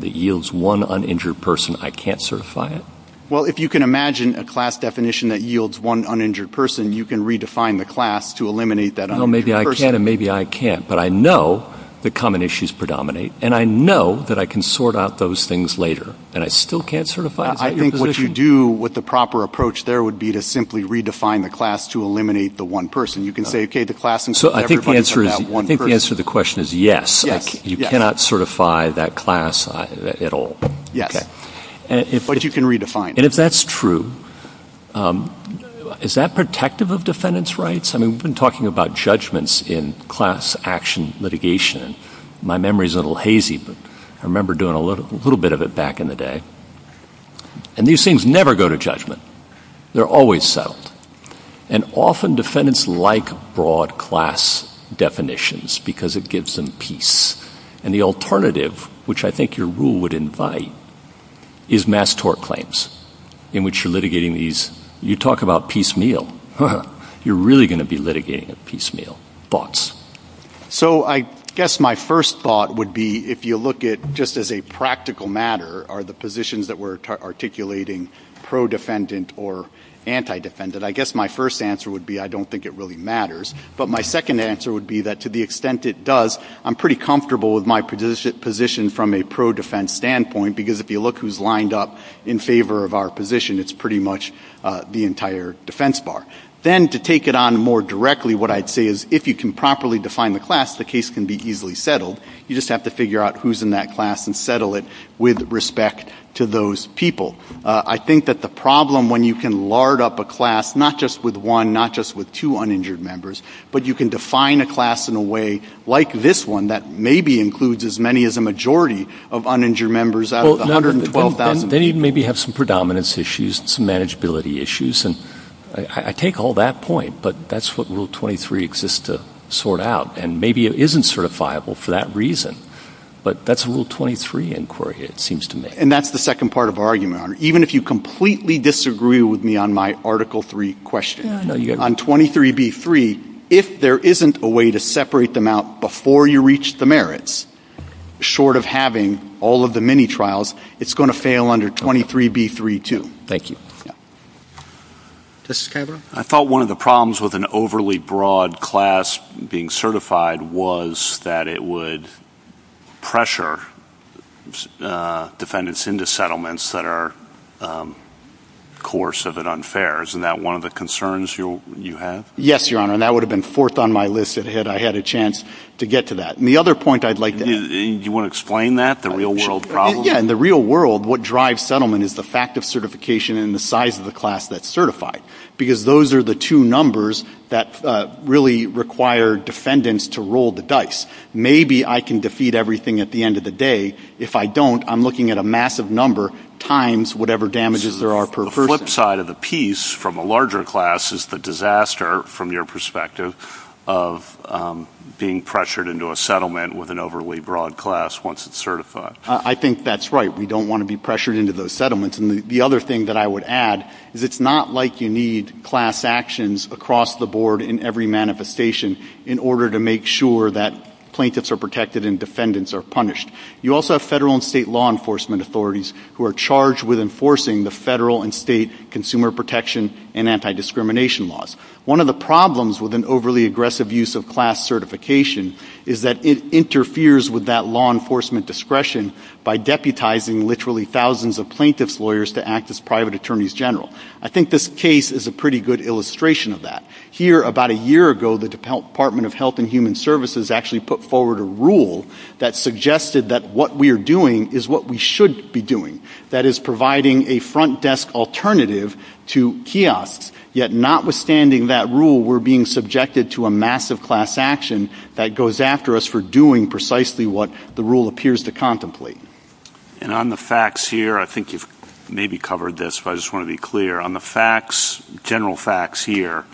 yields one uninjured person, I can't certify it? Well, if you can imagine a class definition that yields one uninjured person, you can redefine the class to eliminate that uninjured person. Well, maybe I can and maybe I can't, but I know that common issues predominate, and I know that I can sort out those things later, and I still can't certify it? I think what you do with the proper approach there would be to simply redefine the class to eliminate the one person. You can say, okay, the class... So I think the answer to the question is yes. You cannot certify that class at all. Yeah. But you can redefine it. And if that's true, is that protective of defendants' rights? I mean, we've been talking about judgments in class action litigation. My memory's a little hazy, but I remember doing a little bit of it back in the day. And these things never go to judgment. They're always settled. And often defendants like broad class definitions because it gives them peace. And the alternative, which I think your rule would invite, is mass tort claims in which you're litigating these. You talk about piecemeal. You're really going to be litigating at piecemeal. Thoughts? So I guess my first thought would be if you look at just as a practical matter are the positions that we're articulating pro-defendant or anti-defendant. I guess my first answer would be I don't think it really matters. But my second answer would be that to the extent it does, I'm pretty comfortable with my position from a pro-defense standpoint because if you look who's lined up in favor of our position, it's pretty much the entire defense bar. Then to take it on more directly, what I'd say is if you can properly define the class, the case can be easily settled. You just have to figure out who's in that class and settle it with respect to those people. I think that the problem when you can lard up a class, not just with one, not just with two uninjured members, but you can define a class in a way like this one that maybe includes as many as a majority of uninjured members out of the 112,000 people. Then you'd maybe have some predominance issues and some manageability issues. I take all that point, but that's what Rule 23 exists to sort out, and maybe it isn't certifiable for that reason. But that's Rule 23 inquiry, it seems to me. And that's the second part of our argument. Even if you completely disagree with me on my Article 3 question, on 23b.3, if there isn't a way to separate them out before you reach the merits, short of having all of the mini-trials, it's going to fail under 23b.3 too. Thank you. Justice Calabro? I thought one of the problems with an overly broad class being certified was that it would pressure defendants into settlements that are coercive and unfair. Isn't that one of the concerns you have? Yes, Your Honor, and that would have been fourth on my list had I had a chance to get to that. And the other point I'd like to make... Do you want to explain that, the real-world problem? Yes, in the real world, what drives settlement is the fact of certification and the size of the class that's certified, because those are the two numbers that really require defendants to roll the dice. Maybe I can defeat everything at the end of the day. If I don't, I'm looking at a massive number times whatever damages there are per person. So the flip side of the piece from a larger class is the disaster, from your perspective, of being pressured into a settlement with an overly broad class once it's certified. I think that's right. We don't want to be pressured into those settlements. And the other thing that I would add is it's not like you need class actions across the board in every manifestation in order to make sure that plaintiffs are protected and defendants are punished. You also have federal and state law enforcement authorities who are charged with enforcing the federal and state consumer protection and anti-discrimination laws. One of the problems with an overly aggressive use of class certification is that it interferes with that law enforcement discretion by deputizing literally thousands of plaintiffs' lawyers to act as private attorneys general. I think this case is a pretty good illustration of that. Here, about a year ago, the Department of Health and Human Services actually put forward a rule that suggested that what we are doing is what we should be doing, that is, providing a front-desk alternative to kiosks. Yet notwithstanding that rule, we're being subjected to a massive class action that goes after us for doing precisely what the rule appears to contemplate. And on the facts here, I think you've maybe covered this, but I just want to be clear. On the facts, general facts here,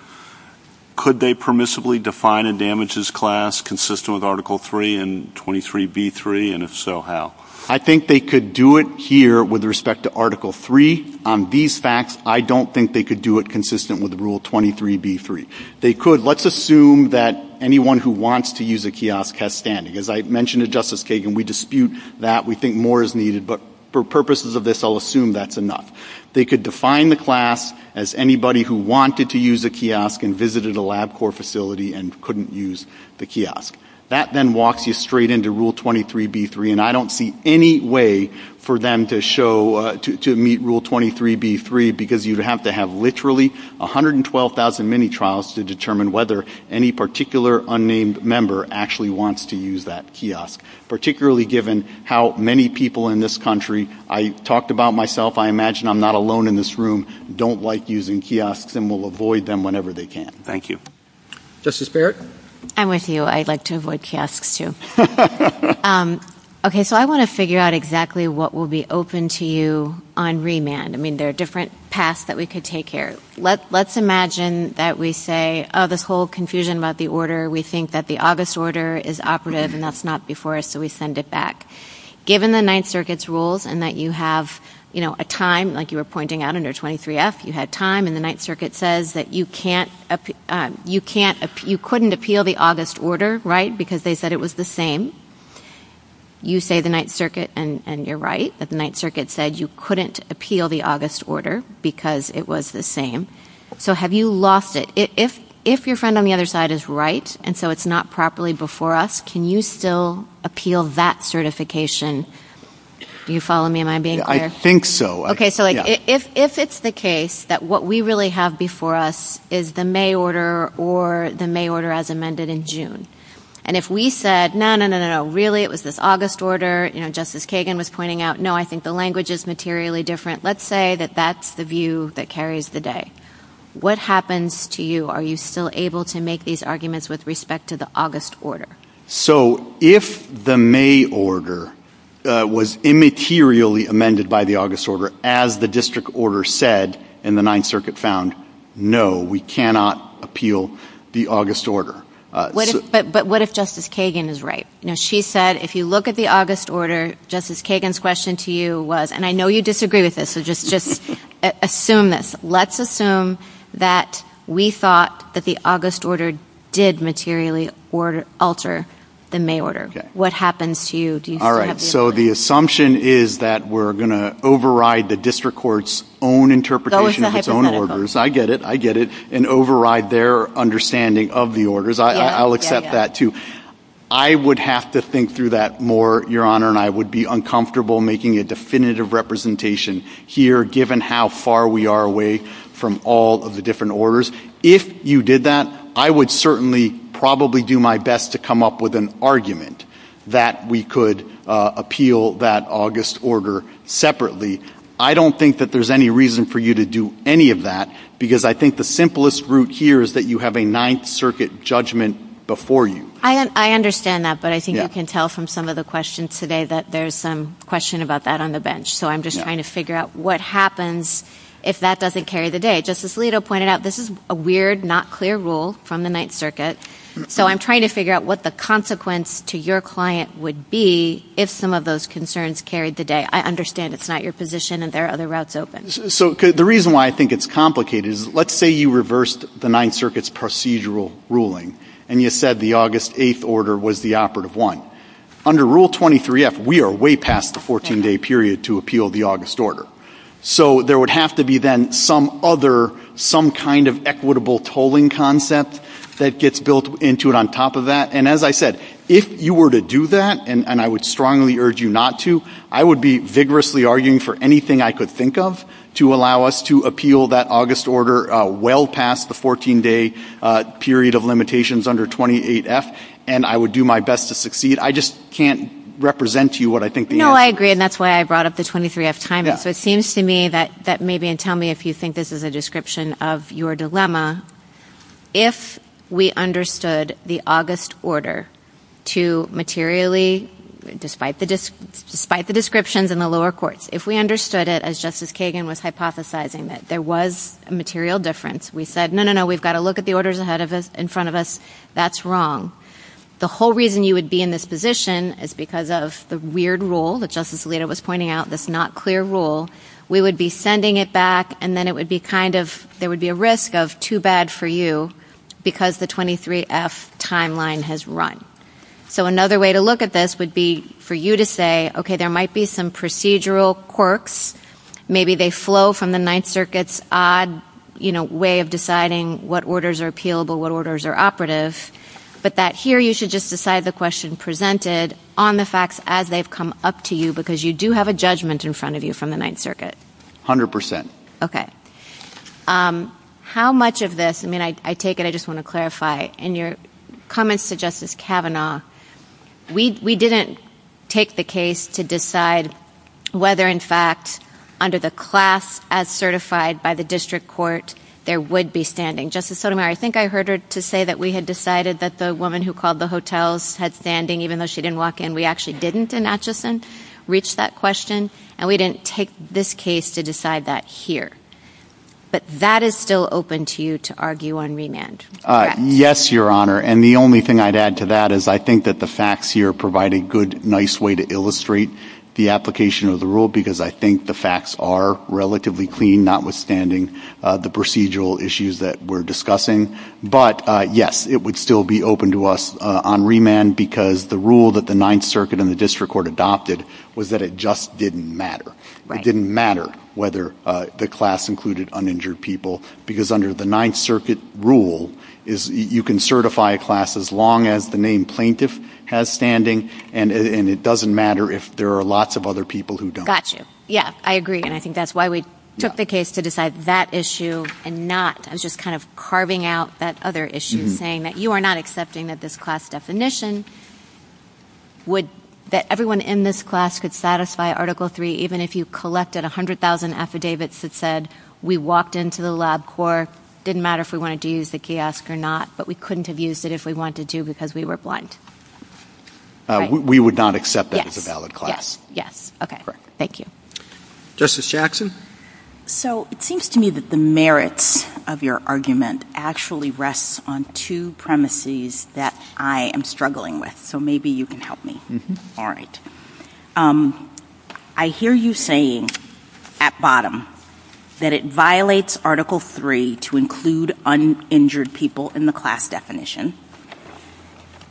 could they permissibly define a damages class consistent with Article III and 23b3, and if so, how? I think they could do it here with respect to Article III. On these facts, I don't think they could do it consistent with Rule 23b3. They could. Let's assume that anyone who wants to use a kiosk has standing. As I mentioned to Justice Kagan, we dispute that, we think more is needed, but for purposes of this, I'll assume that's enough. They could define the class as anybody who wanted to use a kiosk and visited a LabCorp facility and couldn't use the kiosk. That then walks you straight into Rule 23b3, and I don't see any way for them to show, to meet Rule 23b3, because you'd have to have literally 112,000 mini-trials to determine whether any particular unnamed member actually wants to use that kiosk, particularly given how many people in this country, I talked about myself, I imagine I'm not alone in this room, don't like using kiosks and will avoid them whenever they can. Thank you. Justice Barrett? I'm with you. I like to avoid kiosks too. Okay, so I want to figure out exactly what will be open to you on remand. I mean, there are different paths that we could take here. Let's imagine that we say, oh, this whole confusion about the order, we think that the August order is operative and that's not before us, so we send it back. Given the Ninth Circuit's rules and that you have a time, like you were pointing out under 23f, you had time and the Ninth Circuit says that you couldn't appeal the August order, right, because they said it was the same. You say the Ninth Circuit, and you're right, that the Ninth Circuit said you couldn't appeal the August order because it was the same. So have you lost it? If your friend on the other side is right and so it's not properly before us, can you still appeal that certification? Do you follow me? Am I being clear? I think so. Okay, so if it's the case that what we really have before us is the May order or the May order as amended in June, and if we said, no, no, no, no, no, really it was this August order, you know, Justice Kagan was pointing out, no, I think the language is materially different, let's say that that's the view that carries the day. What happens to you? Are you still able to make these arguments with respect to the August order? So if the May order was immaterially amended by the August order as the district order said and the Ninth Circuit found, no, we cannot appeal the August order. But what if Justice Kagan is right? You know, she said if you look at the August order, Justice Kagan's question to you was, and I know you disagree with this, so just assume this. Let's assume that we thought that the August order did materially alter the May order. What happens to you? All right, so the assumption is that we're going to override the district court's own interpretation of its own orders. I get it, I get it, and override their understanding of the orders. I'll accept that too. I would have to think through that more, Your Honor, and I would be uncomfortable making a definitive representation here given how far we are away from all of the different orders. If you did that, I would certainly probably do my best to come up with an argument that we could appeal that August order separately. I don't think that there's any reason for you to do any of that because I think the simplest route here is that you have a Ninth Circuit judgment before you. I understand that, but I think you can tell from some of the questions today that there's some question about that on the bench, so I'm just trying to figure out what happens if that doesn't carry the day. Justice Alito pointed out this is a weird, not clear rule from the Ninth Circuit, so I'm trying to figure out what the consequence to your client would be if some of those concerns carried the day. I understand it's not your position and there are other routes open. The reason why I think it's complicated is let's say you reversed the Ninth Circuit's procedural ruling and you said the August 8th order was the operative one. Under Rule 23F, we are way past the 14-day period to appeal the August order, so there would have to be then some kind of equitable tolling concept that gets built into it on top of that, and as I said, if you were to do that, and I would strongly urge you not to, I would be vigorously arguing for anything I could think of to allow us to appeal that August order well past the 14-day period of limitations under 28F, and I would do my best to succeed. I just can't represent to you what I think the answer is. No, I agree, and that's why I brought up the 23F time. So it seems to me that maybe, and tell me if you think this is a description of your dilemma, if we understood the August order to materially, despite the descriptions in the lower courts, if we understood it as Justice Kagan was hypothesizing it, there was a material difference. We said, no, no, no, we've got to look at the orders in front of us. That's wrong. The whole reason you would be in this position is because of the weird rule that Justice Alito was pointing out, this not clear rule. We would be sending it back, and then it would be kind of, there would be a risk of too bad for you because the 23F timeline has run. So another way to look at this would be for you to say, okay, there might be some procedural quirks. Maybe they flow from the Ninth Circuit's odd way of deciding what orders are appealable, what orders are operative, but that here you should just decide the question presented on the facts as they've come up to you because you do have a judgment in front of you from the Ninth Circuit. A hundred percent. Okay. How much of this, I mean, I take it, I just want to clarify, in your comments to Justice Kavanaugh, we didn't take the case to decide whether, in fact, under the class as certified by the district court, there would be standing. Justice Sotomayor, I think I heard her say that we had decided that the woman who called the hotels had standing, even though she didn't walk in. We actually didn't in Acheson reach that question, and we didn't take this case to decide that here. But that is still open to you to argue on remand. Yes, Your Honor, and the only thing I'd add to that is I think that the facts here provide a good, nice way to illustrate the application of the rule because I think the facts are relatively clean, notwithstanding the procedural issues that we're discussing. But, yes, it would still be open to us on remand because the rule that the Ninth Circuit and the district court adopted was that it just didn't matter. It didn't matter whether the class included uninjured people because under the Ninth Circuit rule, you can certify a class as long as the named plaintiff has standing, and it doesn't matter if there are lots of other people who don't. Got you. Yes, I agree, and I think that's why we took the case to decide that issue and not just kind of carving out that other issue and saying that you are not accepting that this class definition that everyone in this class could satisfy Article III even if you collected 100,000 affidavits that said we walked into the lab core, didn't matter if we wanted to use the kiosk or not, but we couldn't have used it if we wanted to because we were blind. We would not accept that as a valid class. Yes. Yes. Okay. Thank you. Justice Jackson? So it seems to me that the merits of your argument actually rests on two premises that I am struggling with, so maybe you can help me. All right. I hear you saying at bottom that it violates Article III to include uninjured people in the class definition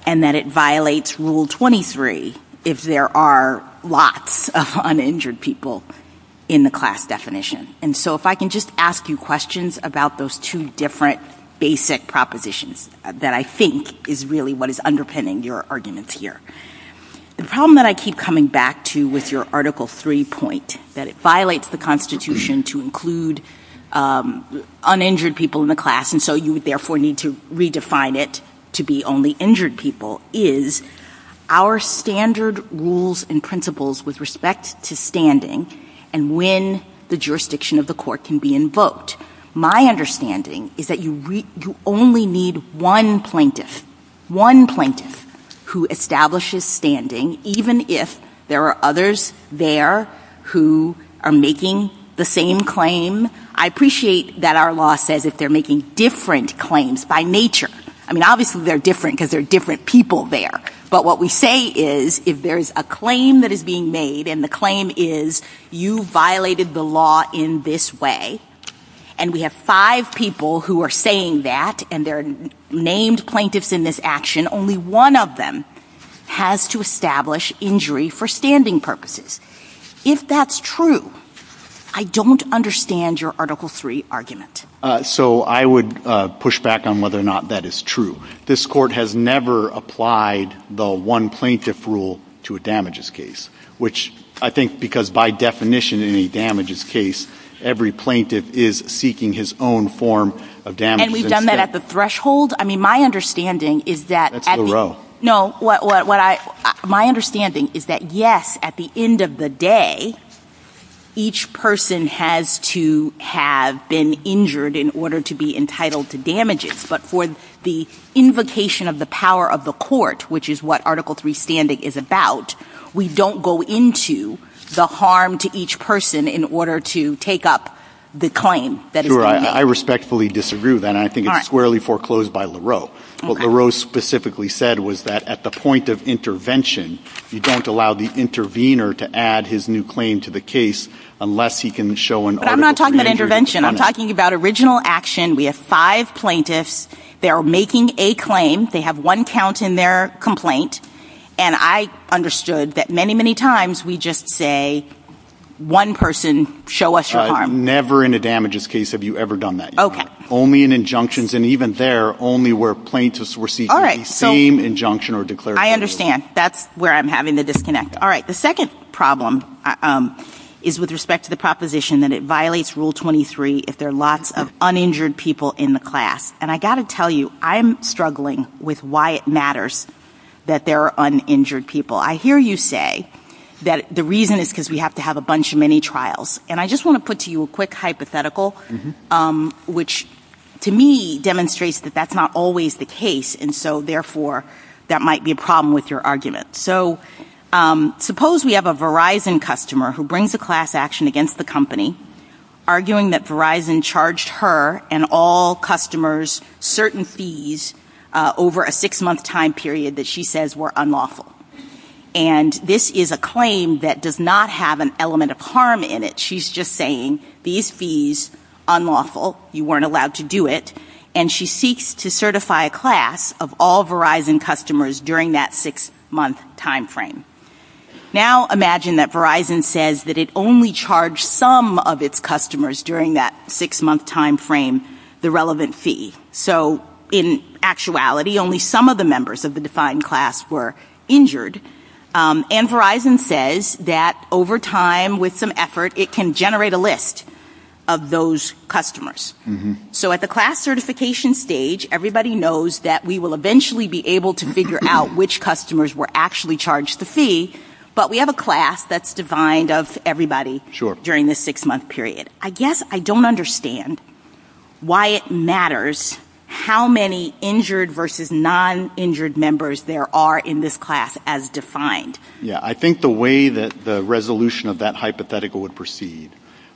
and that it violates Rule 23 if there are lots of uninjured people in the class definition, and so if I can just ask you questions about those two different basic propositions that I think is really what is underpinning your arguments here. The problem that I keep coming back to with your Article III point that it violates the Constitution to include uninjured people in the class and so you would therefore need to redefine it to be only injured people is our standard rules and principles with respect to standing and when the jurisdiction of the court can be invoked. My understanding is that you only need one plaintiff, one plaintiff who establishes standing even if there are others there who are making the same claim. I appreciate that our law says that they're making different claims by nature. I mean, obviously they're different because there are different people there, but what we say is if there's a claim that is being made and the claim is you violated the law in this way and we have five people who are saying that and there are named plaintiffs in this action, only one of them has to establish injury for standing purposes. If that's true, I don't understand your Article III argument. So I would push back on whether or not that is true. This court has never applied the one plaintiff rule to a damages case, which I think because by definition in a damages case, every plaintiff is seeking his own form of damages. And we've done that at the threshold? I mean, my understanding is that... That's the rule. No, my understanding is that, yes, at the end of the day, each person has to have been injured in order to be entitled to damages, but for the invocation of the power of the court, which is what Article III standing is about, we don't go into the harm to each person in order to take up the claim that is being made. I respectfully disagree with that, and I think it's squarely foreclosed by LaRoe. What LaRoe specifically said was that at the point of intervention, you don't allow the intervener to add his new claim to the case unless he can show an... But I'm not talking about intervention. I'm talking about original action. We have five plaintiffs. They are making a claim. They have one count in their complaint, and I understood that many, many times we just say, one person, show us your harm. Never in a damages case have you ever done that. Only in injunctions, and even there, only where plaintiffs receive the same injunction or declaration. I understand. That's where I'm having the disconnect. All right, the second problem is with respect to the proposition that it violates Rule 23 if there are lots of uninjured people in the class, and I've got to tell you, I'm struggling with why it matters that there are uninjured people. I hear you say that the reason is because we have to have a bunch of mini-trials, and I just want to put to you a quick hypothetical, which to me demonstrates that that's not always the case, and so, therefore, that might be a problem with your argument. So suppose we have a Verizon customer who brings a class action against the company, arguing that Verizon charged her and all customers certain fees over a six-month time period that she says were unlawful, and this is a claim that does not have an element of harm in it. She's just saying these fees, unlawful, you weren't allowed to do it, and she seeks to certify a class of all Verizon customers during that six-month time frame. Now imagine that Verizon says that it only charged some of its customers during that six-month time frame the relevant fee. So in actuality, only some of the members of the defined class were injured, and Verizon says that over time, with some effort, it can generate a list of those customers. So at the class certification stage, everybody knows that we will eventually be able to figure out which customers were actually charged the fee, but we have a class that's defined of everybody during the six-month period. I guess I don't understand why it matters how many injured versus non-injured members there are in this class as defined. Yeah, I think the way that the resolution of that hypothetical would proceed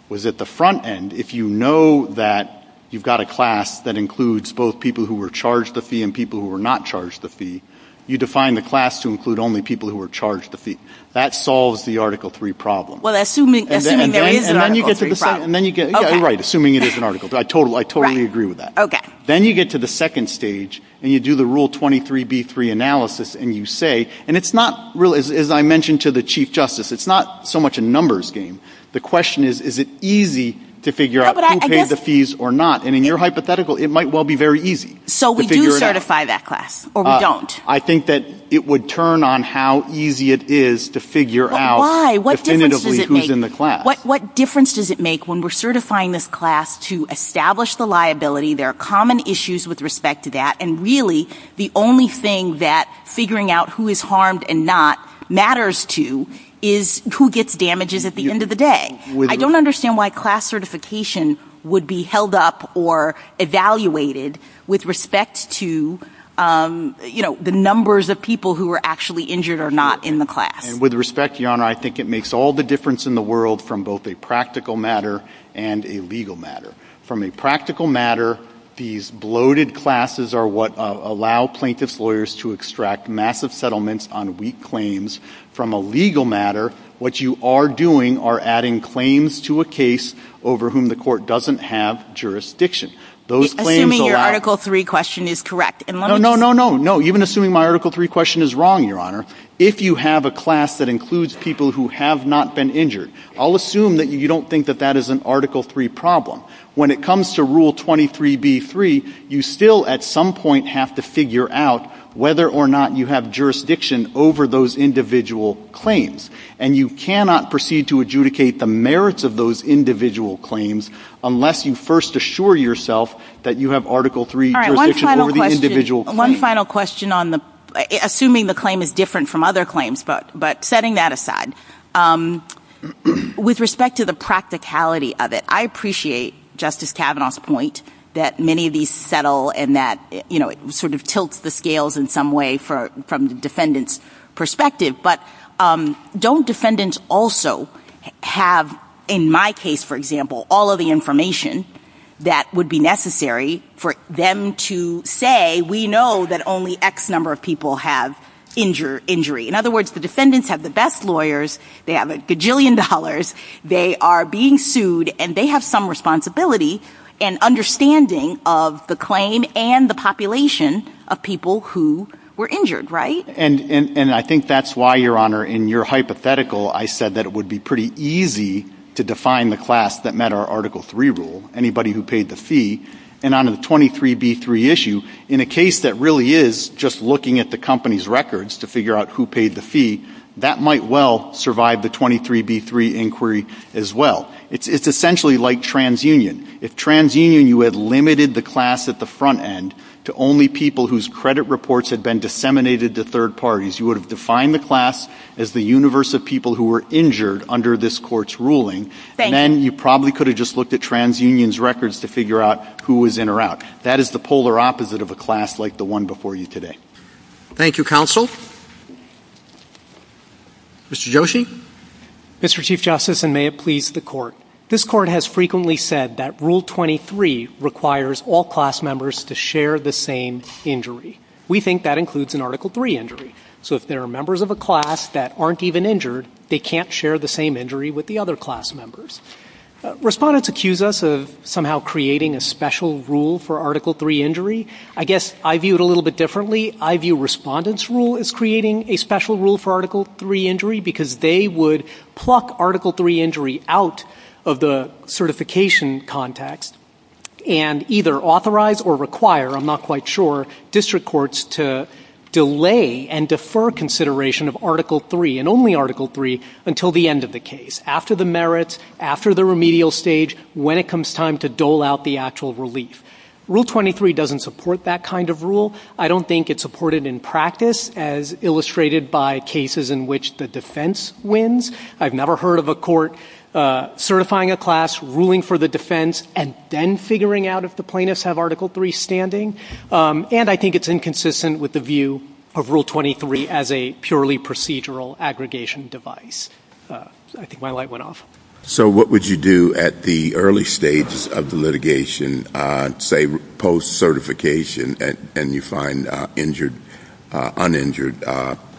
was that the front end, if you know that you've got a class that includes both people who were charged the fee and people who were not charged the fee, you define the class to include only people who were charged the fee. That solves the Article III problem. Well, assuming there is an Article III problem. Right, assuming there is an Article III problem. I totally agree with that. Then you get to the second stage, and you do the Rule 23b-3 analysis, and you say, and it's not really, as I mentioned to the Chief Justice, it's not so much a numbers game. The question is, is it easy to figure out who paid the fees or not? And in your hypothetical, it might well be very easy to figure it out. So we do certify that class, or we don't? I think that it would turn on how easy it is to figure out definitively who's in the class. But why? What difference does it make when we're certifying this class to establish the liability? There are common issues with respect to that. And really, the only thing that figuring out who is harmed and not matters to is who gets damages at the end of the day. I don't understand why class certification would be held up or evaluated with respect to the numbers of people who were actually injured or not in the class. And with respect, Your Honor, I think it makes all the difference in the world from both a practical matter and a legal matter. From a practical matter, these bloated classes are what allow plaintiff's lawyers to extract massive settlements on weak claims. From a legal matter, what you are doing are adding claims to a case over whom the court doesn't have jurisdiction. Assuming your Article 3 question is correct. No, even assuming my Article 3 question is wrong, Your Honor, if you have a class that includes people who have not been injured, I'll assume that you don't think that that is an Article 3 problem. When it comes to Rule 23b-3, you still at some point have to figure out whether or not you have jurisdiction over those individual claims. And you cannot proceed to adjudicate the merits of those individual claims unless you first assure yourself that you have Article 3 jurisdiction over the individual claims. One final question. Assuming the claim is different from other claims, but setting that aside, with respect to the practicality of it, I appreciate Justice Kavanaugh's point that many of these settle and that it sort of tilts the scales in some way from the defendant's perspective, but don't defendants also have, in my case for example, all of the information that would be necessary for them to say, we know that only X number of people have injury. In other words, the defendants have the best lawyers, they have a gajillion dollars, they are being sued, and they have some responsibility and understanding of the claim and the population of people who were injured, right? And I think that's why, Your Honor, in your hypothetical, I said that it would be pretty easy to define the class that met our Article 3 rule. Anybody who paid the fee. And on the 23b-3 issue, in a case that really is just looking at the company's records to figure out who paid the fee, that might well survive the 23b-3 inquiry as well. It's essentially like TransUnion. If TransUnion you had limited the class at the front end to only people whose credit reports had been disseminated to third parties, you would have defined the class as the universe of people who were injured under this court's ruling. Then you probably could have just looked at TransUnion's records to figure out who was in or out. That is the polar opposite of a class like the one before you today. Thank you, Counsel. Mr. Yoshi? Mr. Chief Justice, and may it please the Court, this Court has frequently said that Rule 23 requires all class members to share the same injury. We think that includes an Article 3 injury. So if there are members of a class that aren't even injured, they can't share the same injury with the other class members. Respondents accuse us of somehow creating a special rule for Article 3 injury. I guess I view it a little bit differently. I view Respondent's Rule as creating a special rule for Article 3 injury because they would pluck Article 3 injury out of the certification context and either authorize or require, I'm not quite sure, district courts to delay and defer consideration of Article 3, and only Article 3, until the end of the case, after the merits, after the remedial stage, when it is time to dole out the actual relief. Rule 23 doesn't support that kind of rule. I don't think it's supported in practice as illustrated by cases in which the defense wins. I've never heard of a court certifying a class, ruling for the defense, and then figuring out if the plaintiffs have Article 3 standing. And I think it's inconsistent with the view of Rule 23 as a purely procedural aggregation device. I think my light went off. So what would you do at the early stages of the litigation, say, post-certification, and you find uninjured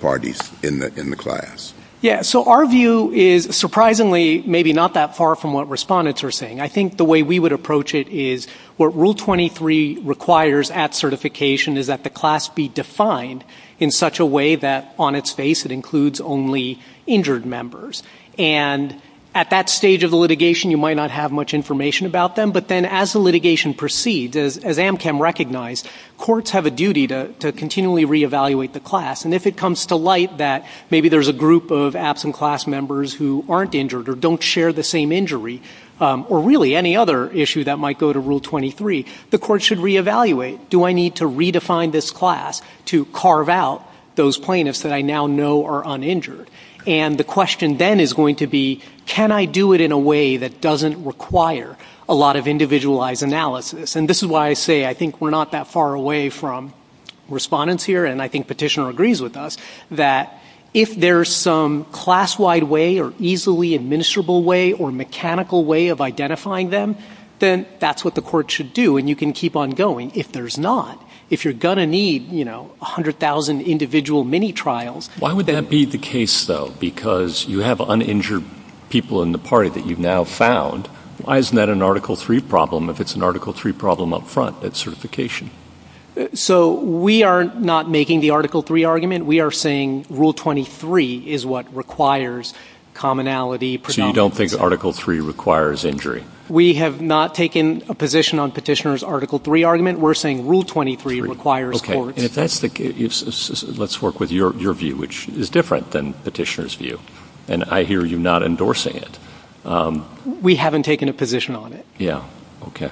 parties in the class? Yeah, so our view is surprisingly maybe not that far from what Respondent's are saying. I think the way we would approach it is what Rule 23 requires at certification is that the class be defined in such a way that on its face it includes only injured members. And at that stage of the litigation, you might not have much information about them, but then as the litigation proceeds, as AmChem recognized, courts have a duty to continually reevaluate the class. And if it comes to light that maybe there's a group of absent class members who aren't injured or don't share the same injury or really any other issue that might go to Rule 23, the court should reevaluate. Do I need to redefine this class to carve out those plaintiffs that I now know are uninjured? And the question then is going to be, can I do it in a way that doesn't require a lot of individualized analysis? And this is why I say I think we're not that far away from Respondent's here, and I think Petitioner agrees with us, that if there's some class-wide way or easily administrable way or mechanical way of identifying them, then that's what the court should do, and you can keep on going if there's not. If you're going to need, you know, 100,000 individual mini-trials... Why would that be the case, though? Because you have uninjured people in the party that you've now found. Why isn't that an Article 3 problem if it's an Article 3 problem up front at certification? So we are not making the Article 3 argument. We are saying Rule 23 is what requires commonality, predominance... So you don't think Article 3 requires injury? We have not taken a position on Petitioner's Article 3 argument. We're saying Rule 23 requires support. Okay, and if that's the case, let's work with your view, which is different than Petitioner's view, and I hear you're not endorsing it. We haven't taken a position on it. Yeah, okay.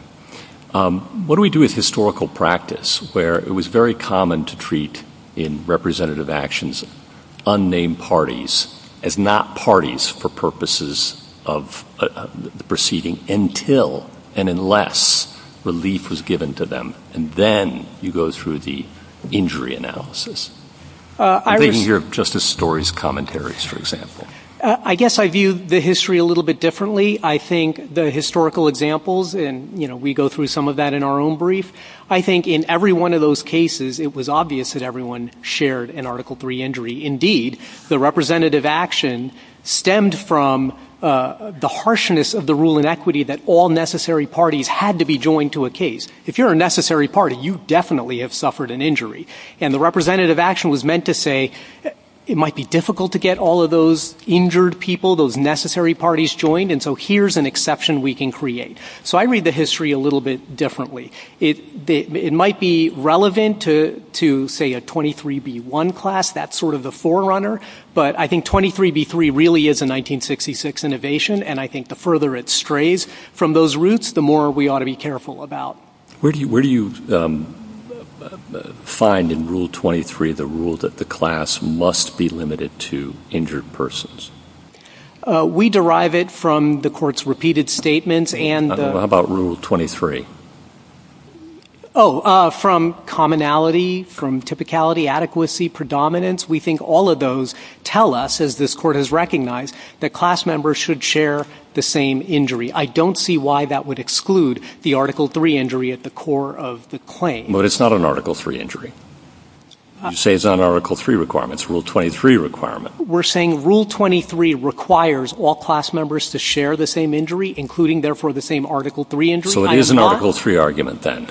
What do we do with historical practice where it was very common to treat in representative actions unnamed parties as not parties for purposes of the proceeding until and unless relief was given to them, and then you go through the injury analysis? I mean, your Justice Story's commentaries, for example. I guess I view the history a little bit differently. I think the historical examples, and, you know, we go through some of that in our own brief. I think in every one of those cases, it was obvious that everyone shared an Article 3 injury. Indeed, the representative action stemmed from the harshness of the rule in equity that all necessary parties had to be joined to a case. If you're a necessary party, you definitely have suffered an injury, and the representative action was meant to say it might be difficult to get all of those injured people, those necessary parties, joined, and so here's an exception we can create. So I read the history a little bit differently. It might be relevant to, say, a 23B1 class. That's sort of the forerunner, but I think 23B3 really is a 1966 innovation, and I think the further it strays from those roots, the more we ought to be careful about. Where do you find in Rule 23 the rule that the class must be limited to injured persons? We derive it from the Court's repeated statements and... How about Rule 23? Oh, from commonality, from typicality, adequacy, predominance. We think all of those tell us, as this Court has recognized, that all class members should share the same injury. I don't see why that would exclude the Article 3 injury at the core of the claim. But it's not an Article 3 injury. You say it's not an Article 3 requirement. It's a Rule 23 requirement. We're saying Rule 23 requires all class members to share the same injury, including, therefore, the same Article 3 injury. So it is an Article 3 argument, then.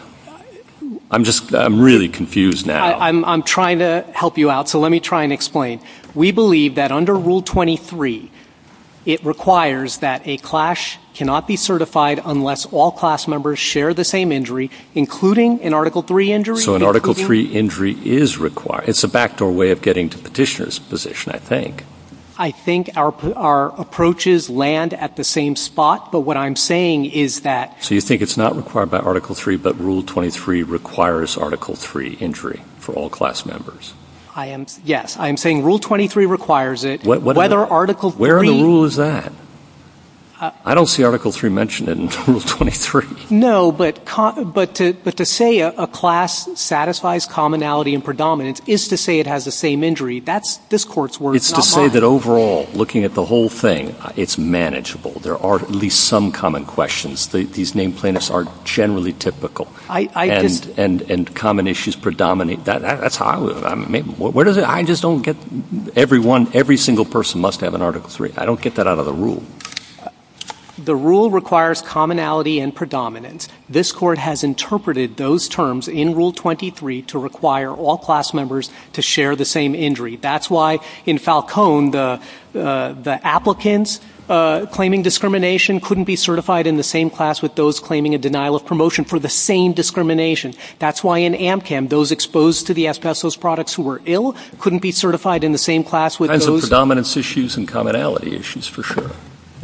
I'm just... I'm really confused now. I'm trying to help you out, so let me try and explain. We believe that under Rule 23, it requires that a class cannot be certified unless all class members share the same injury, including an Article 3 injury. So an Article 3 injury is required. It's a backdoor way of getting to Petitioner's position, I think. I think our approaches land at the same spot, but what I'm saying is that... So you think it's not required by Article 3, but Rule 23 requires Article 3 injury for all class members? Yes. I am saying Rule 23 requires it, whether Article 3... Where in the rule is that? I don't see Article 3 mentioned in Rule 23. No, but to say a class satisfies commonality and predominance is to say it has the same injury. That's this court's word. It's to say that overall, looking at the whole thing, it's manageable. There are at least some common questions. These name plaintiffs are generally typical. And common issues predominate. Every single person must have an Article 3. I don't get that out of the rule. The rule requires commonality and predominance. This court has interpreted those terms in Rule 23 to require all class members to share the same injury. That's why in Falcone the applicants claiming discrimination couldn't be certified in the same class with those claiming a denial of promotion for the same discrimination. That's why in AMCAM those exposed to the asbestos products who were ill couldn't be certified in the same class with those... That's the predominance issues and commonality issues, for sure.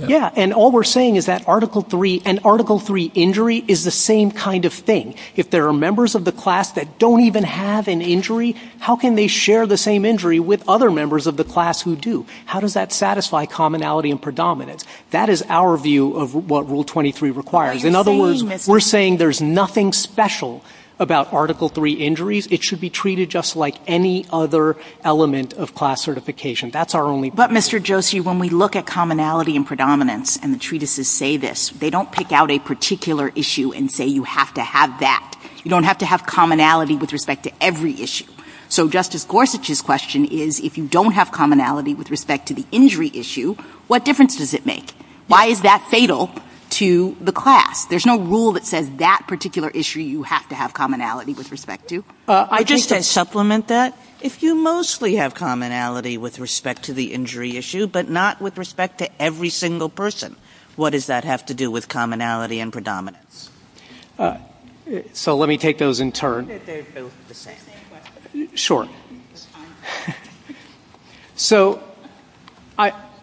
Yeah, and all we're saying is that Article 3 and Article 3 injury is the same kind of thing. If there are members of the class that don't even have an injury, how can they share the same injury with other members of the class who do? How does that satisfy commonality and predominance? That is our view of what Rule 23 requires. In other words, we're saying there's nothing special about Article 3 injuries. It should be treated just like any other element of class certification. That's our only... But Mr. Josie, when we look at commonality and predominance, and the treatises say this, they don't pick out a particular issue and say you have to have that. You don't have to have commonality with respect to every issue. So Justice Gorsuch's question is, if you don't have commonality with respect to the injury issue, what difference does it make? Why is that fatal to the class? There's no rule that says that particular issue you have to have commonality with respect to. I just want to supplement that. If you mostly have commonality with respect to the injury issue, but not with respect to every single person, what does that have to do with commonality and predominance? So let me take those in turn. Sure. So,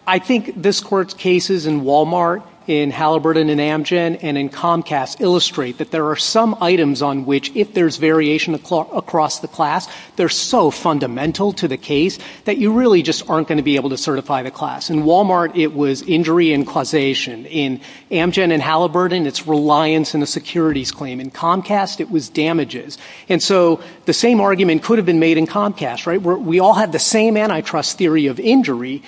I think this is a good question. experts' cases in Walmart, in Halliburton and Amgen, and in Comcast illustrate that there are some items on which, if there's variation across the class, they're so fundamental to the case that you really just aren't going to be able to certify the class. In Walmart, it was injury and causation. In Amgen and Halliburton, it's reliance on the securities claim. In Comcast, it was damages. And so the same argument could have been made in Comcast. We all had the same antitrust theory of injury,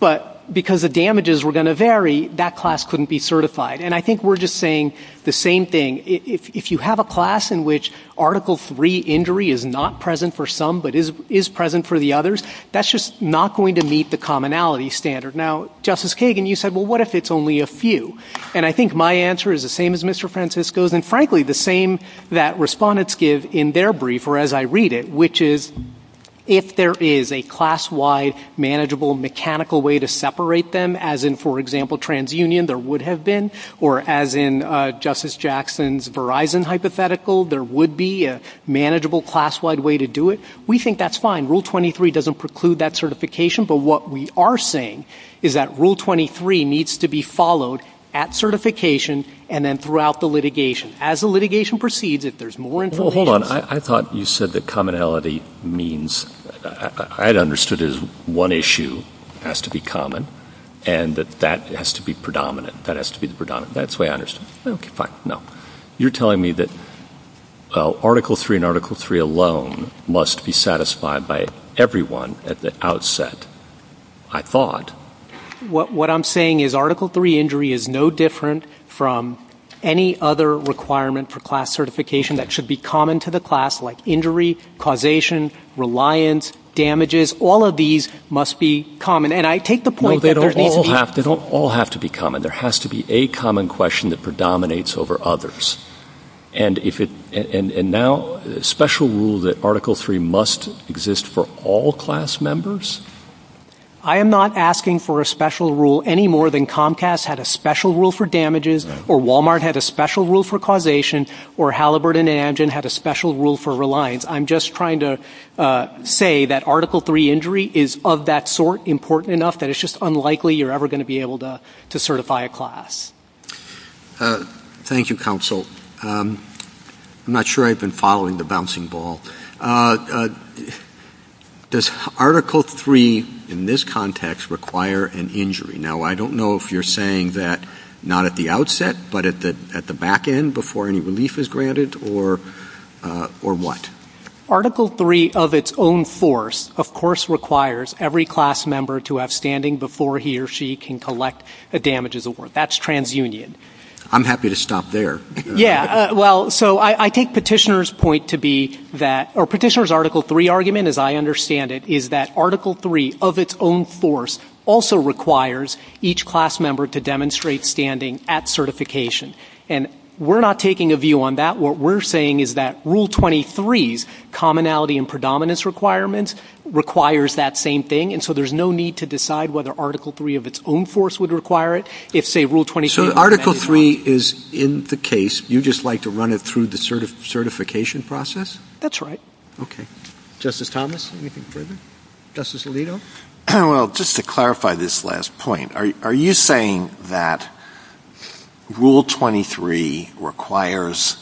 but because the damages were going to vary, that class couldn't be certified. And I think we're just saying the same thing. If you have a class in which Article III injury is not present for some, but is present for the others, that's just not going to meet the commonality standard. Now, Justice Kagan, you said, well, what if it's only a few? And I think my answer is the same as Mr. Francisco's, and frankly, the same that respondents give in their brief, or as I read it, which is, if there is a class-wide, manageable, mechanical way to separate them, as in, for example, TransUnion, there would have been, or as in Justice Jackson's Verizon hypothetical, there would be a manageable, class-wide way to do it. We think that's fine. Rule 23 doesn't preclude that certification, but what we are saying is that Rule 23 needs to be followed at certification and then throughout the litigation. As the litigation proceeds, if there's more infotainment... Well, hold on. I thought you said that commonality means... I'd understood it as one issue has to be common, and that that has to be predominant. That has to be predominant. That's the way I understood it. Okay, fine. No. You're telling me that Article III and Article III alone must be satisfied by everyone at the outset, I thought. What I'm saying is Article III injury is no different from any other requirement for class certification that should be common to the class, like injury, causation, reliance, damages, all of these must be common. And I take the point that... They don't all have to be common. There has to be a common question that predominates over others. And now, a special rule that Article III must exist for all class members? I am not asking for a special rule any more than Comcast had a special rule for damages, or Walmart had a special rule for causation, or Halliburton and Amgen had a special rule for reliance. I'm just trying to say that Article III injury is of that sort important enough that it's just unlikely you're ever going to be able to certify a class. Thank you, Counsel. I'm not sure I've been following the bouncing ball. Does Article III in this context require an injury? Now, I don't know if you're saying that not at the outset, but at the back end before any relief is granted, or what? Article III of its own force, of course, requires every class member to have standing before he or she can collect a damages award. That's transunion. I'm happy to stop there. Yeah, well, so I take Petitioner's point to be that... Or Petitioner's Article III argument, as I understand it, is that Article III of its own force also requires each class member to demonstrate standing at certification. And we're not taking a view on that. What we're saying is that Rule 23's commonality and predominance requirements requires that same thing, and so there's no need to decide whether Article III of its own force would require it if, say, Rule 23... So Article III is in the case. You just like to run it through the certification process? That's right. Okay. Justice Thomas, anything to add? Justice Alito? Well, just to clarify this last point, are you saying that Rule 23 requires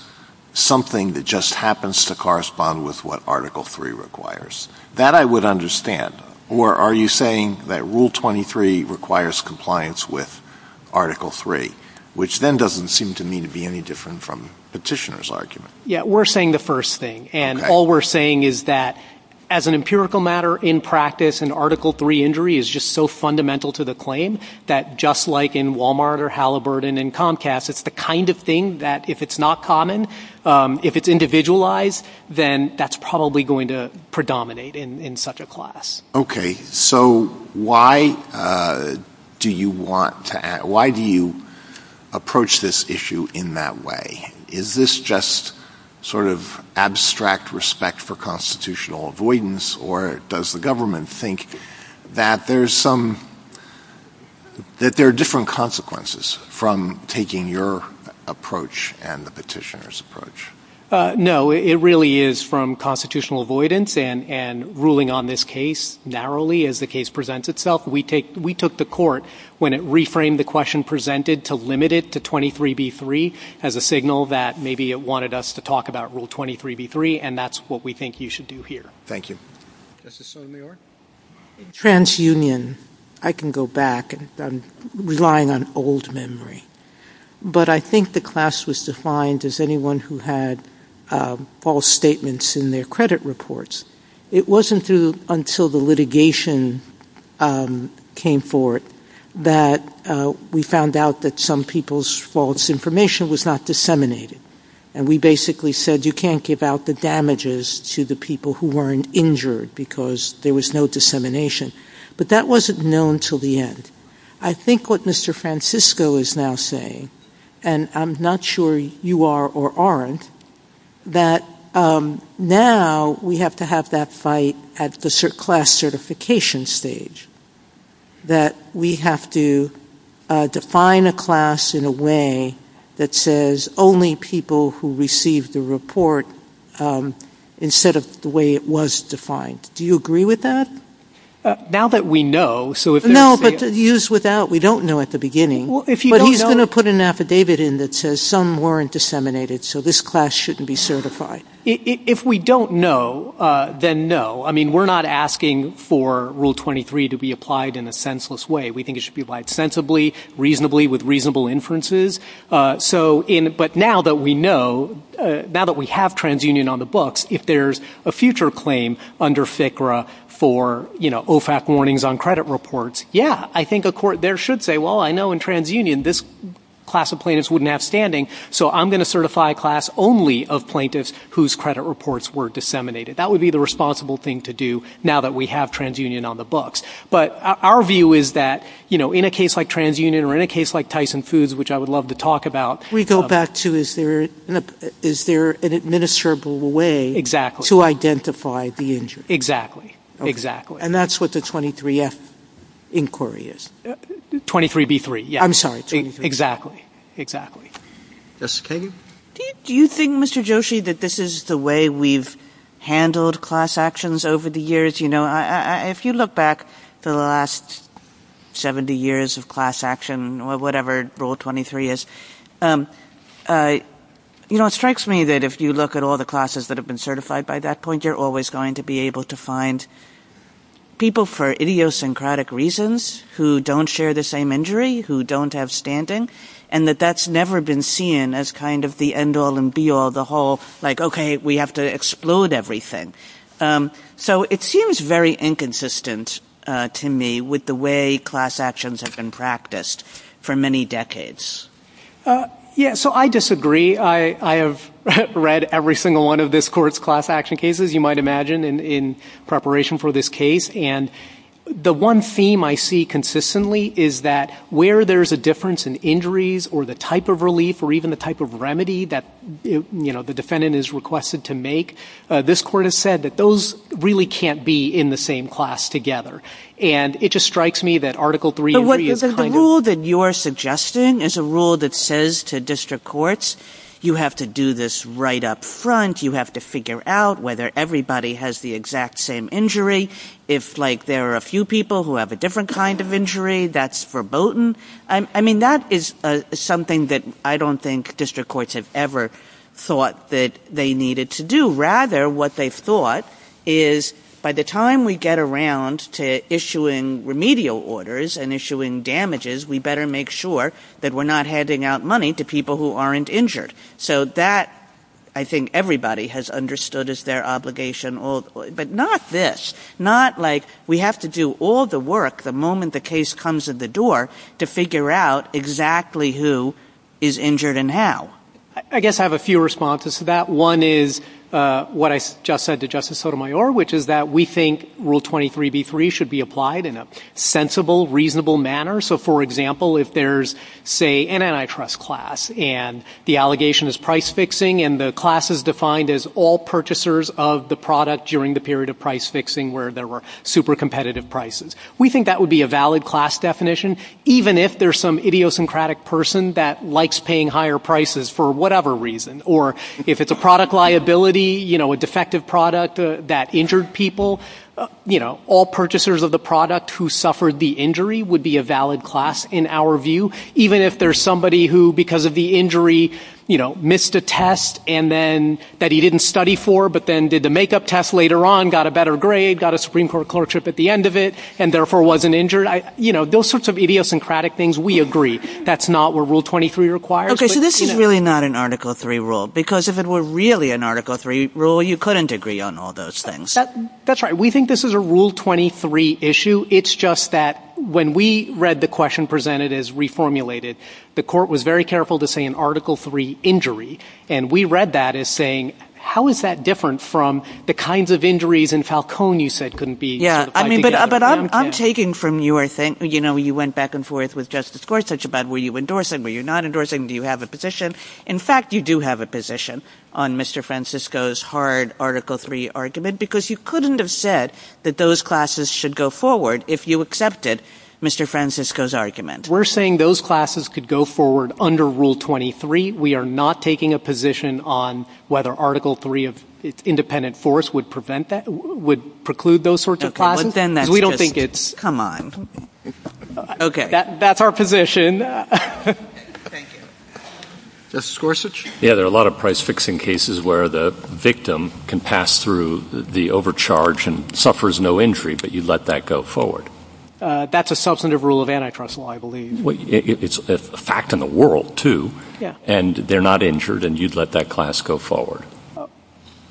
something that just happens to correspond with what Article III requires? That I would understand. Or are you saying that Rule 23 requires compliance with Article III, which then doesn't seem to me to be any different from Petitioner's argument? Yeah, we're saying the first thing. And all we're saying is that as an empirical matter, in practice, an Article III injury is just so fundamental to the claim that just like in Walmart or Halliburton and Comcast, it's the kind of thing that if it's not common, if it's individualized, then that's probably going to predominate in such a class. Okay. So why do you want to... Why do you approach this issue in that way? Is this just sort of abstract respect for constitutional avoidance or does the government think that there's some... that there are different consequences from taking your approach and the Petitioner's approach? No, it really is from constitutional avoidance and ruling on this case narrowly as the case presents itself. We took the Court when it reframed the question presented to limit it to 23b-3 as a signal that maybe it wanted us to talk about Rule 23b-3 and that's what we think you should do here. Thank you. Justice Sotomayor? Transunion. I can go back. I'm relying on old memory. But I think the class was defined as anyone who had false statements in their credit reports. It wasn't through until the litigation came forward that we found out that some people's false information was not disseminated. And we basically said you can't give out the damages to the people who weren't injured because there was no dissemination. But that wasn't known until the end. I think what Mr. Francisco is now saying and I'm not sure you are or aren't, that now we have to have that fight at the class certification stage that we have to define a class in a way that says only people who receive the report instead of the way it was defined. Do you agree with that? Now that we know. No, but to use with that, we don't know at the beginning. But he's going to put an affidavit in that says some weren't disseminated so this class shouldn't be certified. If we don't know, then no. I mean we're not asking for rule 23 to be applied in a senseless way. We think it should be applied sensibly, reasonably, with reasonable inferences. But now that we know, now that we have TransUnion on the books, if there's a future claim under FCRA for OFAC warnings on credit reports, yeah. I think a court there should say well I know in TransUnion this class of plaintiffs wouldn't have standing so I'm going to certify a class only of plaintiffs whose credit reports were disseminated. That would be the responsible thing to do now that we have TransUnion on the books. But our view is that in a case like TransUnion or in a case like Tyson Foods, which I would love to talk about We go back to is there an admissible way to identify the injury? Exactly. And that's what the 23F inquiry is. 23B3. Exactly. Do you think, Mr. Joshi, that this is the way we've handled class actions over the years? If you look back the last 70 years of class action, whatever Rule 23 is, it strikes me that if you look at all the classes that have been certified by that point, you're always going to be able to find people for idiosyncratic reasons who don't share the same injury, who don't have standing, and that that's never been seen as kind of the end-all and be-all, the whole, like, okay, we have to explode everything. So it seems very inconsistent to me with the way class actions have been practiced for many decades. Yeah, so I disagree. I have read every single one of this Court's class action cases, you might imagine, in preparation for this case, and the one theme I see consistently is that where there's a difference in injuries or the type of relief or even the type of remedy that, you know, the defendant is requested to make, this Court has said that those really can't be in the same class together. And it just strikes me that Article 3... The rule that you're suggesting is a rule that says to district courts, you have to do this right up front, you have to figure out whether everybody has the exact same injury. If, like, there are a few people who have a different kind of injury, that's verboten. I mean, that is something that I don't think district courts have ever thought that they needed to do. Rather, what they thought is by the time we get around to issuing remedial orders and issuing damages, we better make sure that we're not handing out money to people who aren't injured. So that, I think, everybody has understood as their obligation. But not this. Not, like, we have to do all the work the moment the case comes to the door to figure out exactly who is injured and how. I guess I have a few responses to that. One is what I just said to Justice Sotomayor, which is that we think Rule 23b3 should be applied in a sensible, reasonable manner. So, for example, if there's say, an antitrust class and the allegation is price fixing and the class is defined as all purchasers of the product during the period of price fixing where there were super competitive prices, we think that would be a valid class definition, even if there's some idiosyncratic person that likes paying higher prices for whatever reason. Or if it's a product liability, you know, a defective product that injured people, you know, all purchasers of the product who suffered the injury would be a valid class in our view, even if there's somebody who, because of the injury, you know, missed a test and then that he didn't study for but then did the makeup test later on, got a better grade, got a Supreme Court clerkship at the end of it, and therefore wasn't injured. You know, those sorts of idiosyncratic things, we agree. That's not what Rule 23 requires. Okay, so this is really not an Article 3 rule, because if it were really an Article 3 rule, you couldn't agree on all those things. That's right. We think this is a Rule 23 issue. It's just that when we read the question presented as reformulated, the court was very careful to say an Article 3 injury, and we read that as saying, how is that different from the kinds of injuries in Falcone you said couldn't be Yeah, I mean, but I'm taking from your thing, you know, you went back and forth with Justice Gorsuch about were you endorsing, were you not endorsing, do you have a position? In fact, you do have a position on Mr. Francisco's hard Article 3 argument, because you couldn't have said that those classes should go forward if you accepted Mr. Francisco's argument. We're saying those classes could go forward under Rule 23. We are not taking a position on whether Article 3 of independent force would prevent that, would preclude those sorts of classes. We don't think it's... Come on. Okay. That's our position. Justice Gorsuch? Yeah, there are a lot of price-fixing cases where the victim can pass through the overcharge and suffers no injury, but you let that go forward. That's a substantive rule of antitrust law, I believe. It's a fact in the world, too. And they're not injured, and you'd let that class go forward.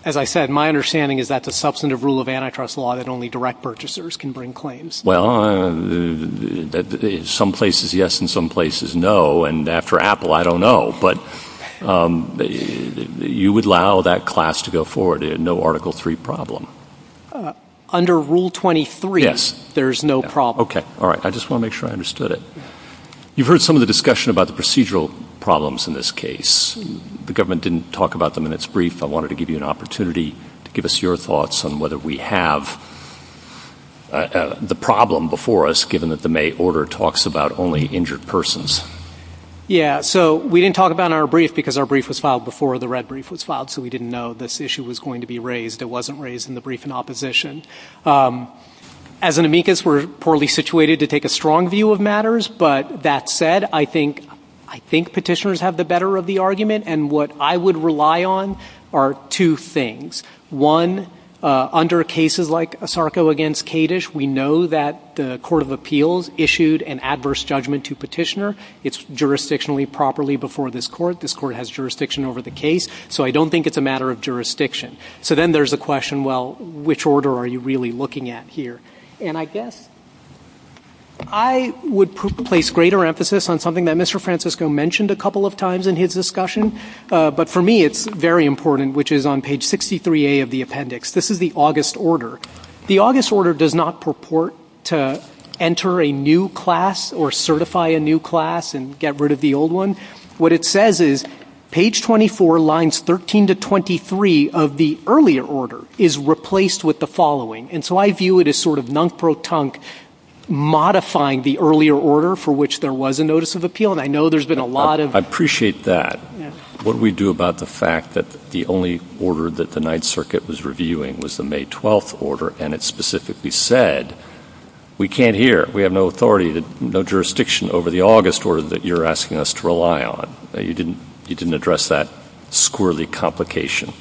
As I said, my understanding is that the substantive rule of antitrust law that only direct purchasers can bring claims. Well, in some places yes, in some places no, and after Apple, I don't know, but you would allow that class to go forward, no Article 3 problem. Under Rule 23, there's no problem. Okay. All right. I just want to make sure I understood it. You've heard some of the discussion about the procedural problems in this case. The government didn't talk about them in its brief. I wanted to give you an opportunity to give us your thoughts on whether we have the problem before us, given that the May order talks about only injured persons. Yeah, so we didn't talk about our brief because our brief was filed before the red brief was filed, so we didn't know this issue was going to be raised. It wasn't raised in the brief in opposition. As an amicus, we're poorly situated to take a strong view of matters, but that said, I think petitioners have the better of the argument, and what I would rely on are two things. One, under cases like Sarko v. Kadish, we know that the Court of Appeals issued an adverse judgment to petitioner. It's jurisdictionally properly before this court. This court has jurisdiction over the case, so I don't think it's a matter of jurisdiction. So then there's the question, well, which order are you really looking at here? And I guess I would place greater emphasis on something that Mr. Francisco mentioned a couple of times in his discussion, but for me it's very important, which is on page 63A of the appendix. This is the August order. The August order does not purport to enter a new class or certify a new class and get rid of the old one. What it says is page 24, lines 13 to 23 of the earlier order is replaced with the following. And so I view it as sort of nunk-pro-tunk, modifying the earlier order for which there was a notice of appeal, and I know there's been a lot of... I appreciate that. What do we do about the fact that the only order that the Ninth Circuit was reviewing was the May 12th order, and it specifically said we can't hear. We have no authority, no jurisdiction over the August order that you're asking us to rely on. You didn't address that squirrelly complication.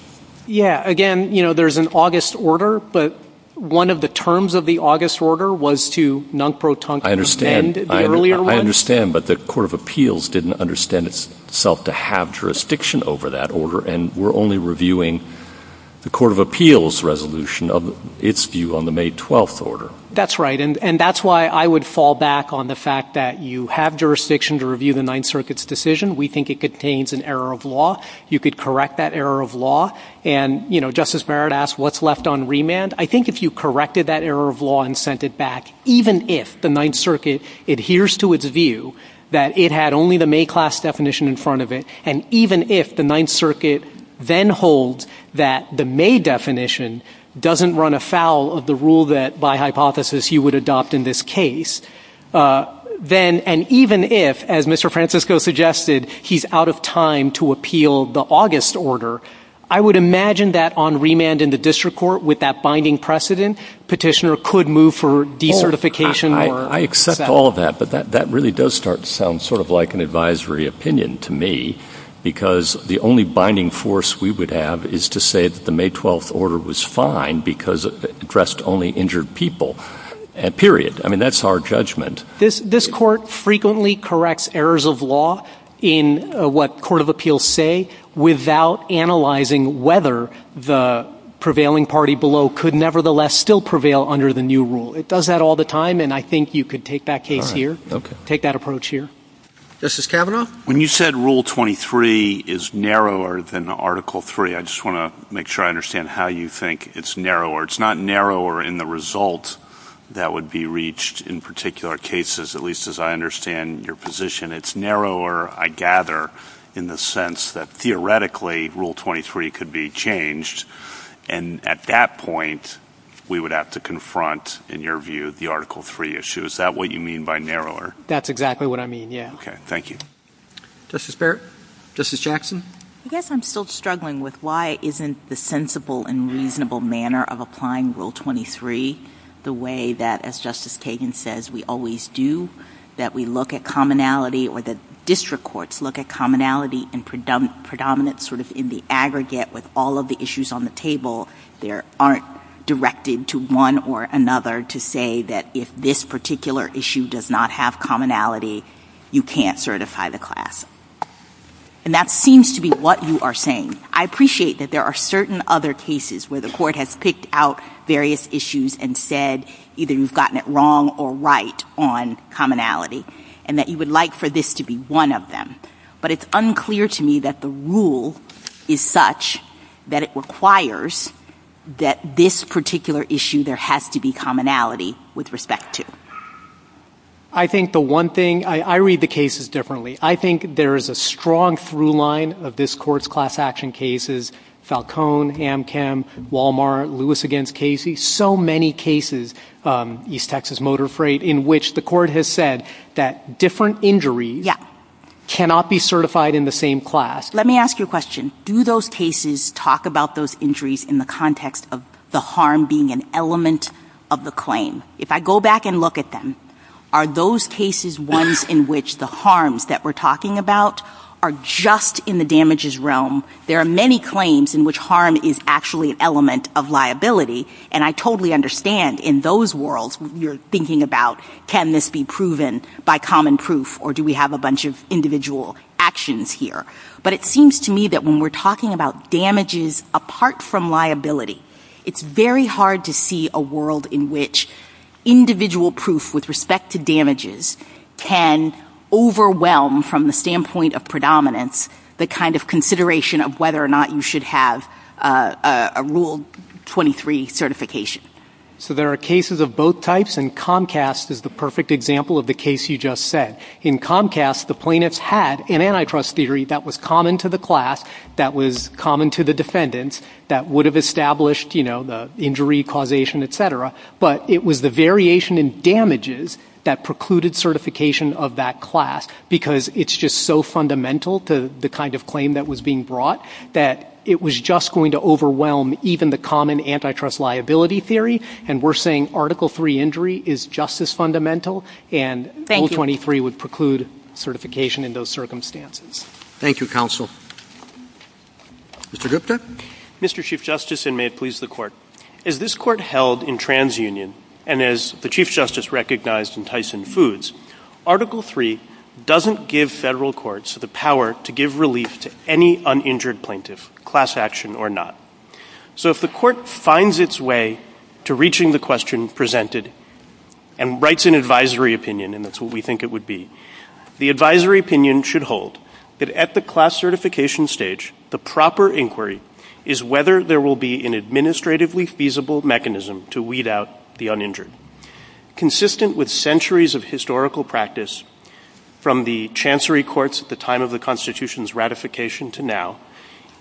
Yeah, again, you know, there's an August order, but one of the terms of the August order was to nunk-pro-tunk... I understand, but the Court of Appeals didn't understand itself to have jurisdiction over that order, and we're only reviewing the Court of Appeals resolution of its view on the May 12th order. That's right, and that's why I would fall back on the fact that you have jurisdiction to review the Ninth Circuit's decision. We think it contains an error of law. You could correct that error of law, and, you know, Justice Barrett asked, what's left on remand? I think if you corrected that error of law and sent it back, even if the Ninth Circuit adheres to its view that it had only the May class definition in front of it, and even if the Ninth Circuit then holds that the May definition doesn't run afoul of the rule that, by hypothesis, he would adopt in this case, then, and even if, as Mr. Francisco suggested, he's out of time to appeal the August order, I would imagine that on remand in the District Court, with that binding precedent, Petitioner could move for decertification or... I accept all of that, but that really does sound sort of like an advisory opinion to me, because the only binding force we would have is to say that the May 12th order was fine because it addressed only injured people. Period. I mean, that's our judgment. This Court frequently corrects errors of law in what Court of Appeals say without analyzing whether the prevailing party below could nevertheless still prevail under the new rule. It does that all the time, and I think you could take that case here. Take that approach here. When you said Rule 23 is narrower than Article 3, I just want to make sure I understand how you think it's narrower. It's not narrower in the result that would be reached in particular cases, at least as I understand your position. It's narrower, I gather, in the sense that theoretically Rule 23 could be changed, and at that point, we would have to confront, in your view, the Article 3 issue. Is that what you mean by narrower? That's exactly what I mean, yeah. Okay. Thank you. Justice Barrett? Justice Jackson? I guess I'm still struggling with why isn't the sensible and reasonable manner of applying Rule 23 the way that, as Justice Kagan says, we always do, that we look at commonality or that district courts look at commonality and predominance sort of in the aggregate with all of the issues on the table. There aren't directed to one or another to say that if this particular issue does not have commonality, you can't certify the class. And that seems to be what you are saying. I appreciate that there are certain other cases where the court has picked out various issues and said either you've gotten it wrong or right on commonality, and that you would like for this to be one of them. But it's unclear to me that the rule is such that it requires that this particular issue, there has to be commonality with respect to. I think the one thing I read the cases differently. I think there is a strong through line of this Court's class action cases Falcone, Amchem, Wal-Mart, Lewis against Casey. So many cases, East Texas Motor Freight, in which the Court has said that different injuries cannot be certified in the same class. Let me ask you a question. Do those cases talk about those injuries in the context of the harm being an element of the claim? If I go back and look at them, are those cases ones in which the harms that we're talking about are just in the damages realm? There are many claims in which harm is actually an element of liability, and I totally understand in those worlds you're thinking about, can this be proven by common proof, or do we have a bunch of individual actions here? But it seems to me that when we're talking about damages apart from liability, it's very hard to see a world in which individual proof with respect to damages can overwhelm from the standpoint of predominance the kind of consideration of whether or not you should have a Rule 23 certification. So there are cases of both types, and Comcast is the perfect example of the case you just said. In Comcast, the plaintiffs had an antitrust theory that was common to the class, that was common to the defendants, that would have established the injury causation, etc. But it was the variation in damages that precluded certification of that class, because it's just so fundamental to the kind of claim that was being brought, that it was just going to overwhelm even the common antitrust liability theory, and we're saying Article 3 injury is just as fundamental, and Rule 23 would preclude certification in those circumstances. Thank you, Counsel. Mr. Drifter? Mr. Chief Justice, and may it please the Court, as this Court held in TransUnion, and as the Chief Justice recognized in Tyson Foods, Article 3 doesn't give federal courts the power to give relief to any uninjured plaintiff, class action or not. So if the Court finds its way to reaching the question presented and writes an advisory opinion, and that's what we think it would be, the advisory opinion should hold that at the class certification stage, the proper inquiry is whether there will be an administratively feasible mechanism to weed out the uninjured. Consistent with centuries of historical practice from the Chancery Courts at the time of the Constitution's ratification to now,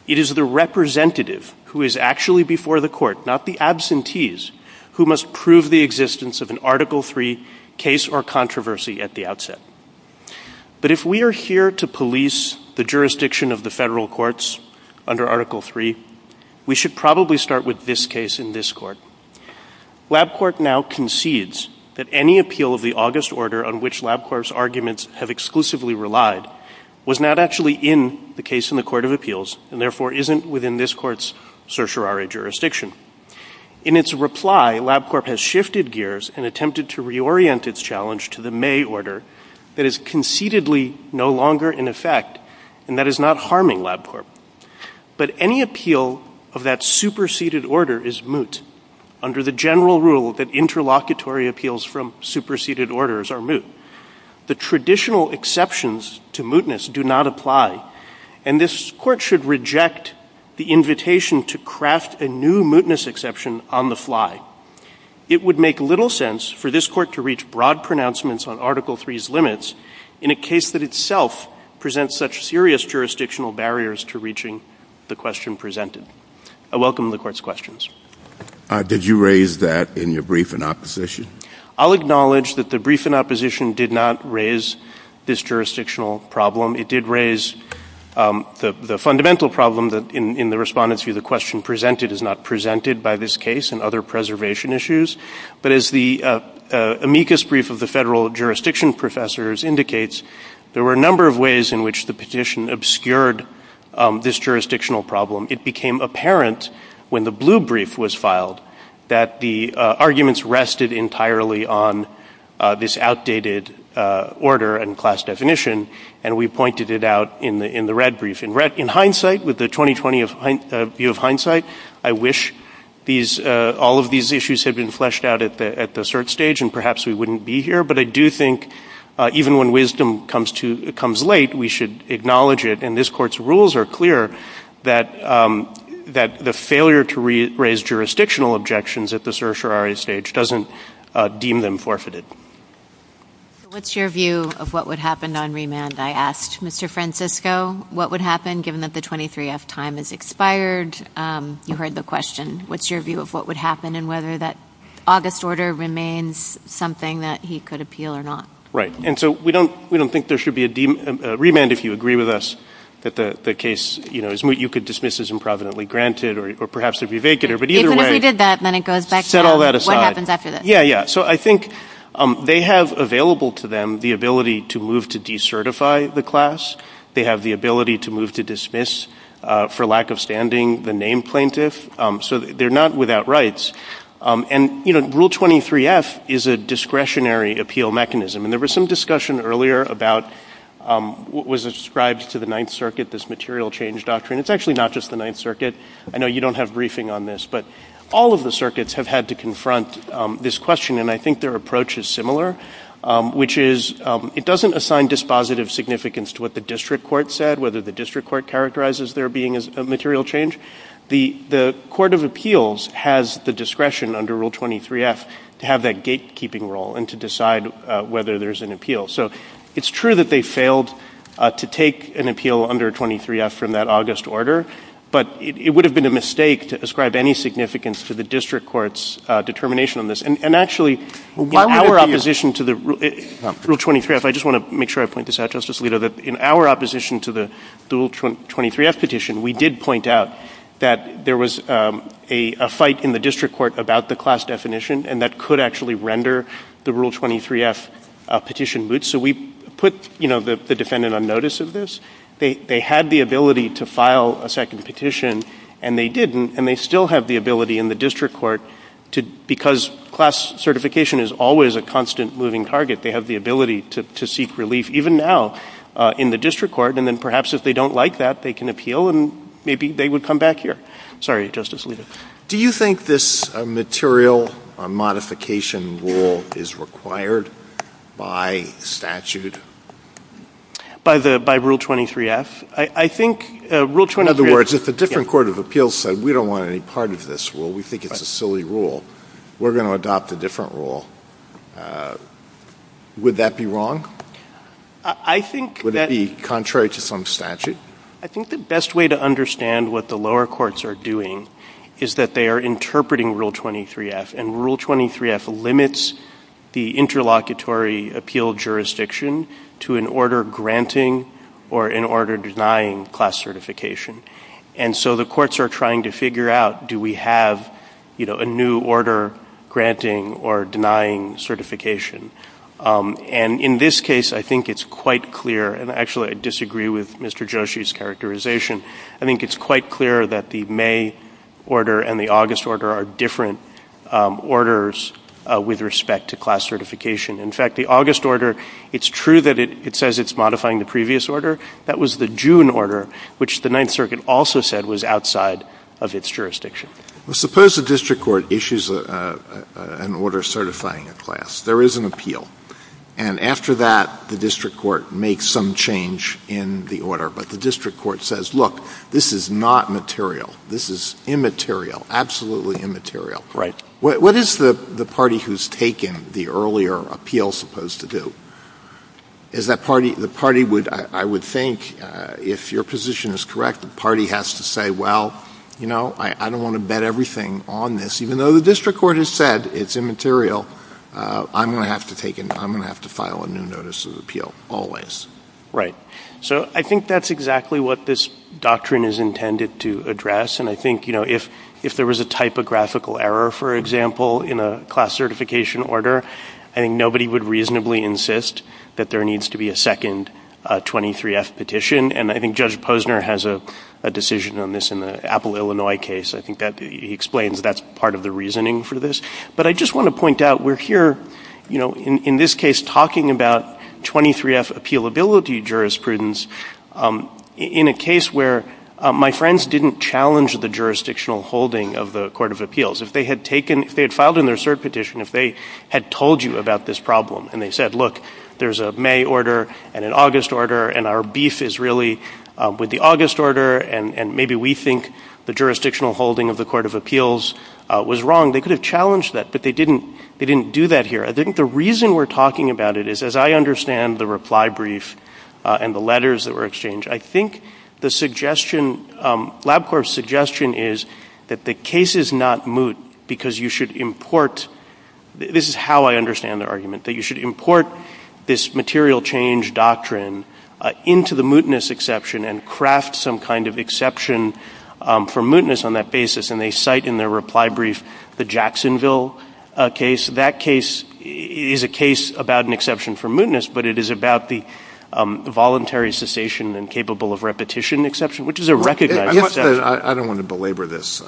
it is the representative who is actually before the Court, not the absentees, who must prove the existence of an Article 3 case or controversy at the outset. But if we are here to police the jurisdiction of the federal courts under Article 3, we should probably start with this case in this Court. Wab Court now concedes that any appeal of the August order on which Wab Court's arguments have exclusively relied was not actually in the case in the Court of Appeals, and therefore isn't within this Court's certiorari jurisdiction. In its reply, Wab Court has shifted gears and attempted to reorient its challenge to the May order that is concededly no longer in effect and that is not harming Wab Court. But any appeal of that superseded order is moot. The traditional exceptions to mootness do not apply and this Court should reject the invitation to craft a new mootness exception on the fly. It would make little sense for this Court to reach broad pronouncements on Article 3's limits in a case that itself presents such serious jurisdictional barriers to reaching the question presented. I welcome the Court's comments. Did you raise that in your brief in opposition? I'll acknowledge that the brief in opposition did not raise this jurisdictional problem. It did raise the fundamental problem that in the respondent's view the question presented is not presented by this case and other preservation issues. But as the amicus brief of the federal jurisdiction professors indicates, there were a number of ways in which the petition obscured this jurisdictional problem. It became apparent when the blue brief was filed that the arguments rested entirely on this outdated order and class definition and we pointed it out in the red brief. In hindsight, with the 2020 view of hindsight, I wish all of these issues had been fleshed out at the cert stage and perhaps we wouldn't be here. But I do think even when wisdom comes late, we should acknowledge it and this Court's rules are clear that the failure to raise jurisdictional objections at the certiorari stage doesn't deem them forfeited. What's your view of what would happen on remand? I asked Mr. Francisco what would happen given that the 23F time has expired. You heard the question. What's your view of what would happen and whether that August order remains something that he could appeal or not? Right. And so we don't think there should be a remand if you agree with us that the case you could dismiss as improvidently granted or perhaps it would be vacant. Even if you did that, then it goes back to what happens after that. Yeah, yeah. So I think they have available to them the ability to move to decertify the class. They have the ability to move to dismiss for lack of standing the named plaintiff. So they're not without rights. And Rule 23F is a discretionary appeal mechanism and there was some discussion earlier about what was ascribed to the Ninth Circuit, this material change doctrine. It's actually not just the Ninth Circuit. I know you don't have briefing on this, but all of the circuits have had to confront this question and I think their approach is similar which is it doesn't assign dispositive significance to what the district court said, whether the district court characterizes there being a material change. The Court of Appeals has the discretion under Rule 23F to have that gate keeping role and to decide whether there's an appeal. So it's true that they failed to take an appeal under 23F from that August order, but it would have been a mistake to ascribe any significance for the district court's determination on this and actually in our opposition to the Rule 23F I just want to make sure I point this out, Justice Alito, that in our opposition to the Rule 23F petition, we did point out that there was a fight in the district court about the class definition and that could actually render the Rule 23F petition moot. So we put the defendant on notice of this. They had the ability to file a second petition and they didn't and they still have the ability in the district court to, because class certification is always a constant moving target, they have the ability to seek relief even now in the district court and then perhaps if they don't like that they can appeal and maybe they would come back here. Sorry, Justice Alito. Do you think this material modification rule is required by statute? By Rule 23F? I think Rule 23F In other words, if a different court of appeals said we don't want any part of this rule, we think it's a silly rule, we're going to adopt a different rule. Would that be wrong? I think that Would it be contrary to some statute? I think the best way to understand what the court is saying is that they are interpreting Rule 23F and Rule 23F limits the interlocutory appeal jurisdiction to an order granting or an order denying class certification. And so the courts are trying to figure out do we have a new order granting or denying certification. And in this case I think it's quite clear and actually I disagree with Mr. Joshi's characterization. I think it's quite clear that the May order and the August order are different orders with respect to class certification. In fact, the August order, it's true that it says it's modifying the previous order. That was the June order which the Ninth Circuit also said was outside of its jurisdiction. Suppose the district court issues an order certifying a class. There is an appeal. And after that, the district court makes some change in the order. Like the district court says, look, this is not material. This is immaterial, absolutely immaterial. What is the party who's taken the earlier appeal supposed to do? The party would, I would think, if your position is correct, the party has to say, well, you know, I don't want to bet everything on this. Even though the district court has said it's immaterial, I'm going to have to file a new notice of appeal always. Right. So I think that's exactly what this doctrine is intended to address. And I think, you know, if there was a typographical error, for example, in a class certification order, I think nobody would reasonably insist that there needs to be a second 23-F petition. And I think Judge Posner has a decision on this in the Apple, Illinois case. I think he explains that that's part of the reasoning for this. But I just want to point out, we're here, you know, in this case talking about 23-F appealability jurisprudence in a case where my friends didn't challenge the jurisdictional holding of the Court of Appeals. If they had taken, if they had filed in their cert petition, if they had told you about this problem, and they said, look, there's a May order and an August order, and our beef is really with the August order, and maybe we think the jurisdictional holding of the Court of Appeals was wrong, they could have challenged that, but they didn't do that here. I think the reason we're talking about it is, as I understand the reply brief and the letters that were exchanged, I think the suggestion, LabCorp's suggestion is that the case is not moot because you should import — this is how I understand the argument — that you should import this material change doctrine into the mootness exception and craft some kind of exception for mootness on that basis. And they cite in their reply brief the Jacksonville case. That case is a case about an exception for mootness, but it is about the voluntary cessation and capable of repetition exception, which is a recognized exception. I don't want to belabor this,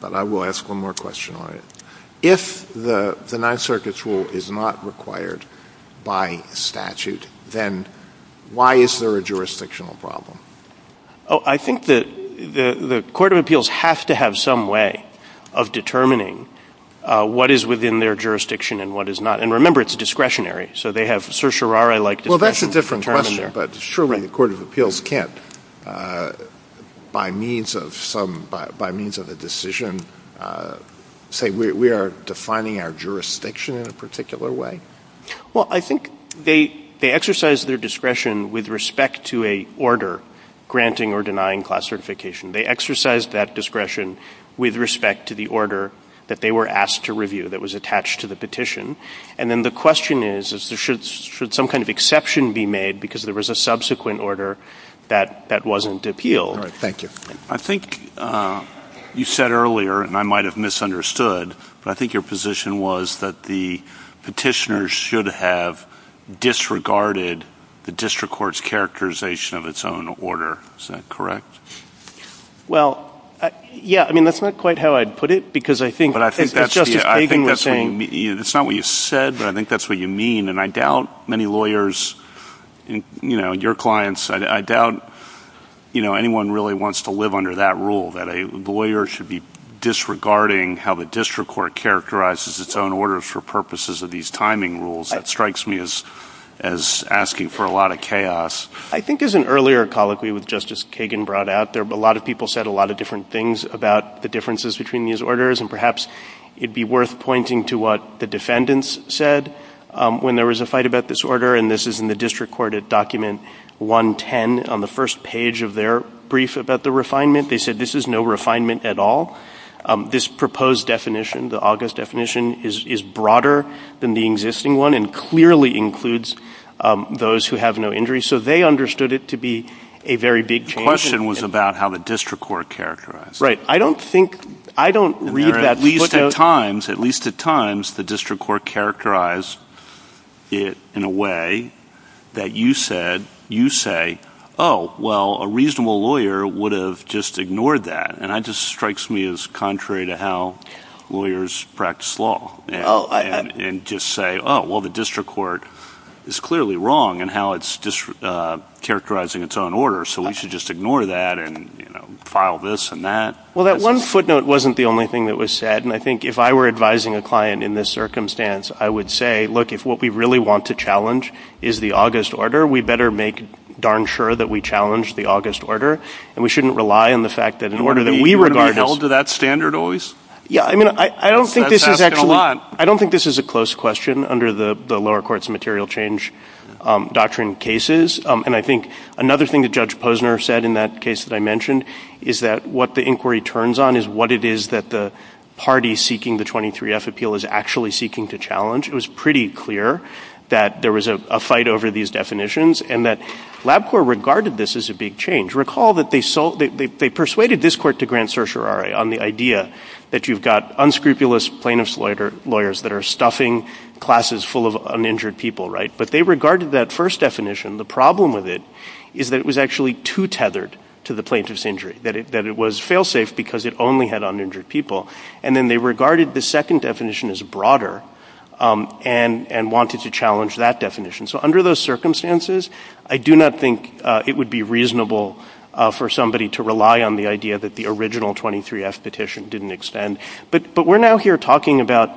but I will ask one more question on it. If the Ninth Circuit's rule is not required by statute, then why is there a jurisdictional problem? Oh, I think that the Court of Appeals has to have some way of determining what is within their jurisdiction and what is not. And remember, it's discretionary. So they have certiorari-like — Well, that's a different question, but surely the Court of Appeals can't by means of a decision say we are defining our jurisdiction in a particular way? Well, I think they exercise their discretion with respect to an order granting or denying class certification. They exercise that discretion with respect to the order that they were asked to review that was attached to the petition. And then the question is should some kind of exception be made because there was a subsequent order that wasn't appealed? Thank you. I think you said earlier, and I might have misunderstood, but I think your position was that the petitioners should have disregarded the district court's characterization of its own order. Is that correct? Well, yeah. I mean, that's not quite how I'd put it because I think — I think that's not what you said, but I think that's what you mean. And I doubt many lawyers — you know, your clients — I doubt, you know, anyone really wants to live under that rule, that a lawyer should be disregarding how the district court characterizes its own orders for purposes of these timing rules. That strikes me as asking for a lot of chaos. I think as an earlier colloquy with Justice Kagan brought out, a lot of people said a lot of different things about the differences between these orders, and perhaps it'd be worth pointing to what the defendants said when there was a fight about this order, and this is in the district court at document 110 on the first page of their brief about the refinement. They said this is no refinement at all. This proposed definition, the August definition, is broader than the existing one and clearly includes those who have no injuries, so they understood it to be a very big change. The question was about how the district court characterized it. Right. I don't think — I don't read that — At least at times, the district court characterized it in a way that you say, oh, well, a reasonable lawyer would have just ignored that, and that just strikes me as contrary to how lawyers practice law and just say, oh, well, the district court is clearly wrong in how it's characterizing its own order, so we should just ignore that and file this and that. Well, that one footnote wasn't the only thing that was said, and I think if I were advising a client in this circumstance, I would say, look, if what we really want to challenge is the August order, we better make darn sure that we challenge the August order, and we shouldn't rely on the fact that the order that we regard as — Would it be held to that standard, always? Yeah, I mean, I don't think this is a close question under the lower courts' material change doctrine cases, and I think another thing that Judge Posner said in that case that I mentioned is that what the inquiry turns on is what it is that the party seeking the 23F appeal is actually seeking to challenge. It was pretty clear that there was a fight over these definitions and that LabCorp regarded this as a big change. Recall that they persuaded this court to grant certiorari on the idea that you've got unscrupulous plaintiff's lawyers that are stuffing classes full of uninjured people, right? But they regarded that first definition, the problem with it is that it was actually too tethered to the plaintiff's injury, that it was fail-safe because it only had uninjured people, and then they regarded the second definition as broader and wanted to challenge that definition. So under those circumstances, I do not think it would be reasonable for somebody to rely on the idea that the original 23F petition didn't extend. But we're now here talking about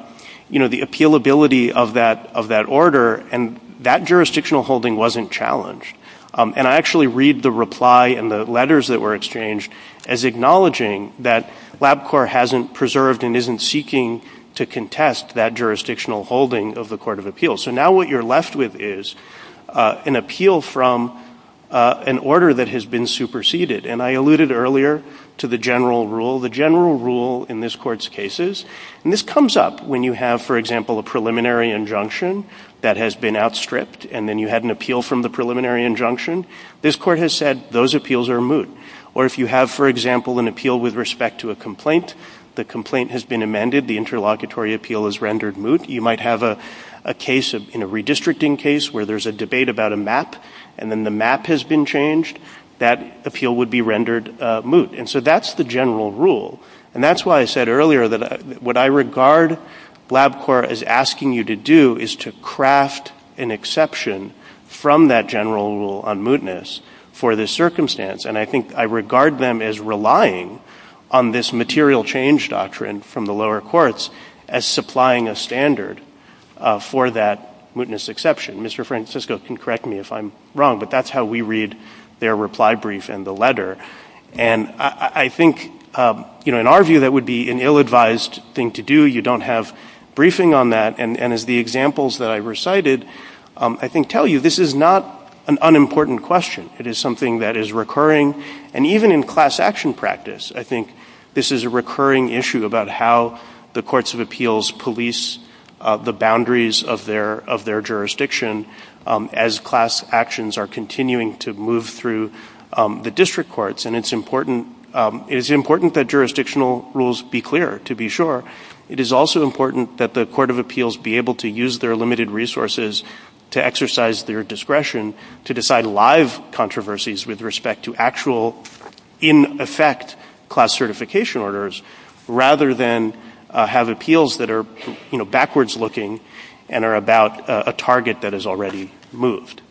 the appealability of that order, and that jurisdictional holding wasn't challenged. And I actually read the reply and the letters that were exchanged as acknowledging that LabCorp hasn't preserved and isn't seeking to contest that jurisdictional holding of the Court of Appeals. So now what you're left with is an appeal from an order that has been superseded. And I alluded to the general rule in this Court's cases. And this comes up when you have, for example, a preliminary injunction that has been outstripped, and then you had an appeal from the preliminary injunction. This Court has said those appeals are moot. Or if you have, for example, an appeal with respect to a complaint, the complaint has been amended, the interlocutory appeal is rendered moot. You might have a case, a redistricting case where there's a debate about a map, and then the map has been changed. That appeal would be rendered moot. And so that's the general rule. And that's why I said earlier that what I regard LabCorp as asking you to do is to craft an exception from that general rule on mootness for the circumstance. And I think I regard them as relying on this material change doctrine from the lower courts as supplying a standard for that mootness exception. Mr. Francisco can correct me if I'm wrong, but that's how we read their reply brief and the letter. And I think, you know, in our view, that would be an ill-advised thing to do. You don't have briefing on that. And as the examples that I recited, I can tell you this is not an unimportant question. It is something that is recurring. And even in class action practice, I think this is a recurring issue about how the courts of appeals police the boundaries of their jurisdiction as class actions are continuing to move through the district courts. And it's important that jurisdictional rules be clear, to be sure. It is also important that the court of appeals be able to use their limited resources to exercise their discretion to decide live controversies with respect to actual in effect class certification orders, rather than have appeals that are backwards looking and are about a target that is already moved.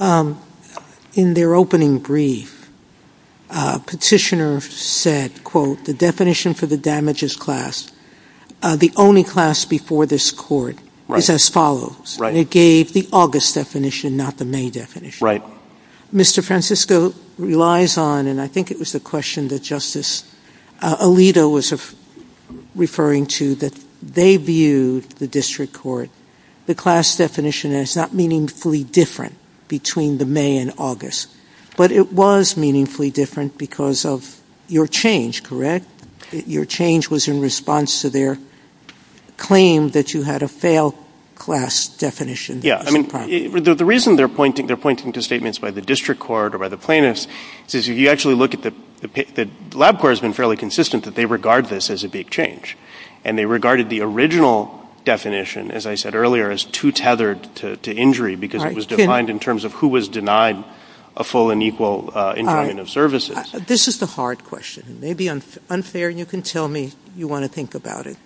In their opening brief, petitioner said, quote, the definition for the damages class, the only class before this court is as follows. It gave the August definition, not the May definition. Mr. Francisco relies on, and I think it was the question that Justice Alito was referring to, that they viewed the district court class definition as not meaningfully different between the May and August. But it was meaningfully different because of your change, correct? Your change was in response to their claim that you had a failed class definition. The reason they're pointing to statements by the district court or by the plaintiffs is if you actually look at the lab court has been fairly consistent that they regard this as a big change. And they regarded the original definition, as I said earlier, as too tethered to injury because it was defined in terms of who was denied a full and equal services. This is the hard question. It may be unfair and you can tell me you want to think about it.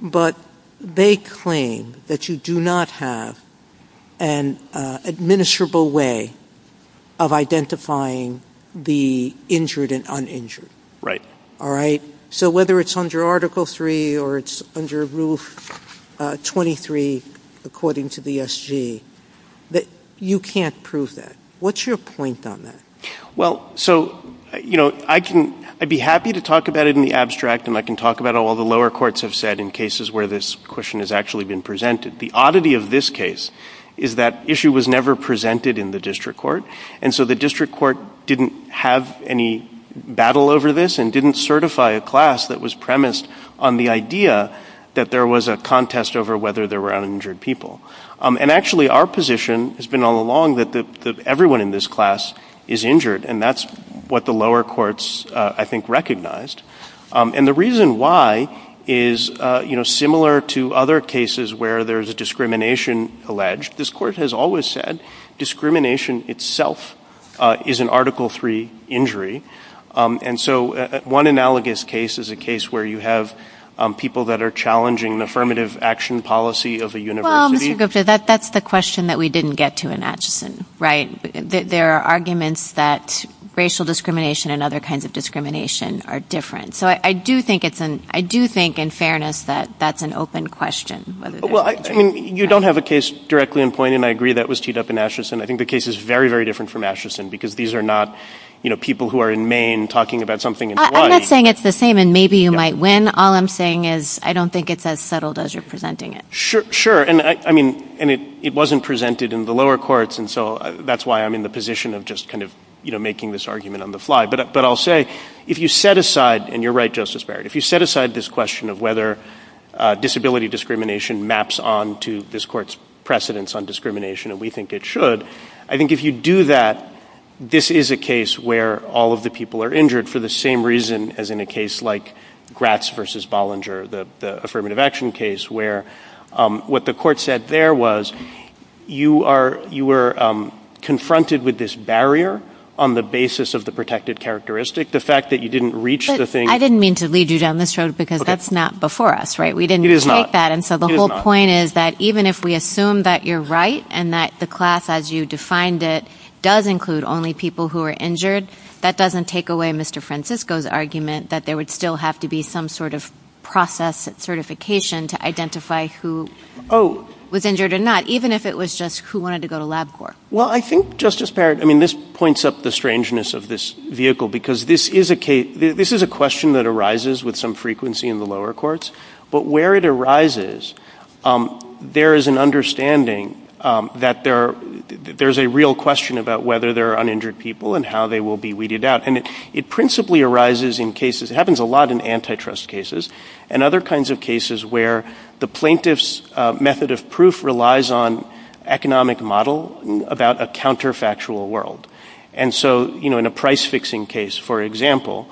But they claim that you do not have an administrable way of identifying the injured and uninjured. So whether it's under Article 3 or it's under Rule 23 according to the SG that you can't prove that. What's your point on that? Well, so, you know, I'd be happy to talk about it in the abstract and I can talk about all the lower courts have said in cases where this question has actually been presented. The oddity of this case is that issue was never presented in the district court. And so the district court didn't have any battle over this and didn't certify a class that was premised on the idea that there was a contest over whether there were uninjured people. And actually our position has been all along that everyone in this class is injured and that's what the lower courts I think recognized. And the reason why is similar to other cases where there's a discrimination alleged. This court has always said discrimination itself is an Article 3 injury. And so one analogous case is a case where you have people that are challenging the affirmative action policy of a university. Well, Mr. Gupta, that's the question that we didn't get to in Ashton, right? There are arguments that racial discrimination and other kinds of discrimination are different. So I do think in fairness that that's an open question. Well, I mean, you don't have a case directly in point and I agree that was teed up in Ashton. I think the case is very, very different from Ashton because these are not people who are in Maine talking about something in Hawaii. I'm not saying it's the same and maybe you might win. All I'm saying is I don't think it's as subtle as you're presenting it. Sure. And it wasn't presented in the lower courts and so that's why I'm in the position of just kind of making this argument on the fly. But I'll say if you set aside, and you're right, Justice Barrett, if you set aside this question of whether disability discrimination maps on to this court's precedence on discrimination, and we think it should, I think if you do that, this is a case where all of the people are injured for the same reason as in a case like Gratz v. Bollinger, the affirmative action case where what the court said there was you were confronted with this barrier on the basis of the protected characteristic, the fact that you didn't reach the thing. I didn't mean to lead you down this road because that's not before us, right? We didn't take that. It is not. And so the whole point is that even if we assume that you're right and that the class as you defined it does include only people who are injured, that doesn't take away Mr. Francisco's argument that there would still have to be some sort of process certification to identify who was injured or not, even if it was just who wanted to go to lab court. Well, I think Justice Barrett, I mean, this points up the strangeness of this vehicle because this is a question that arises with some frequency in the lower courts, but where it arises, there is an understanding that there's a real question about whether there are uninjured people and how they will be weeded out. And it principally arises in cases, it happens a lot in antitrust cases and other kinds of cases where the plaintiff's method of proof relies on economic model about a counterfactual world. And so, you know, in a price fixing case, for example,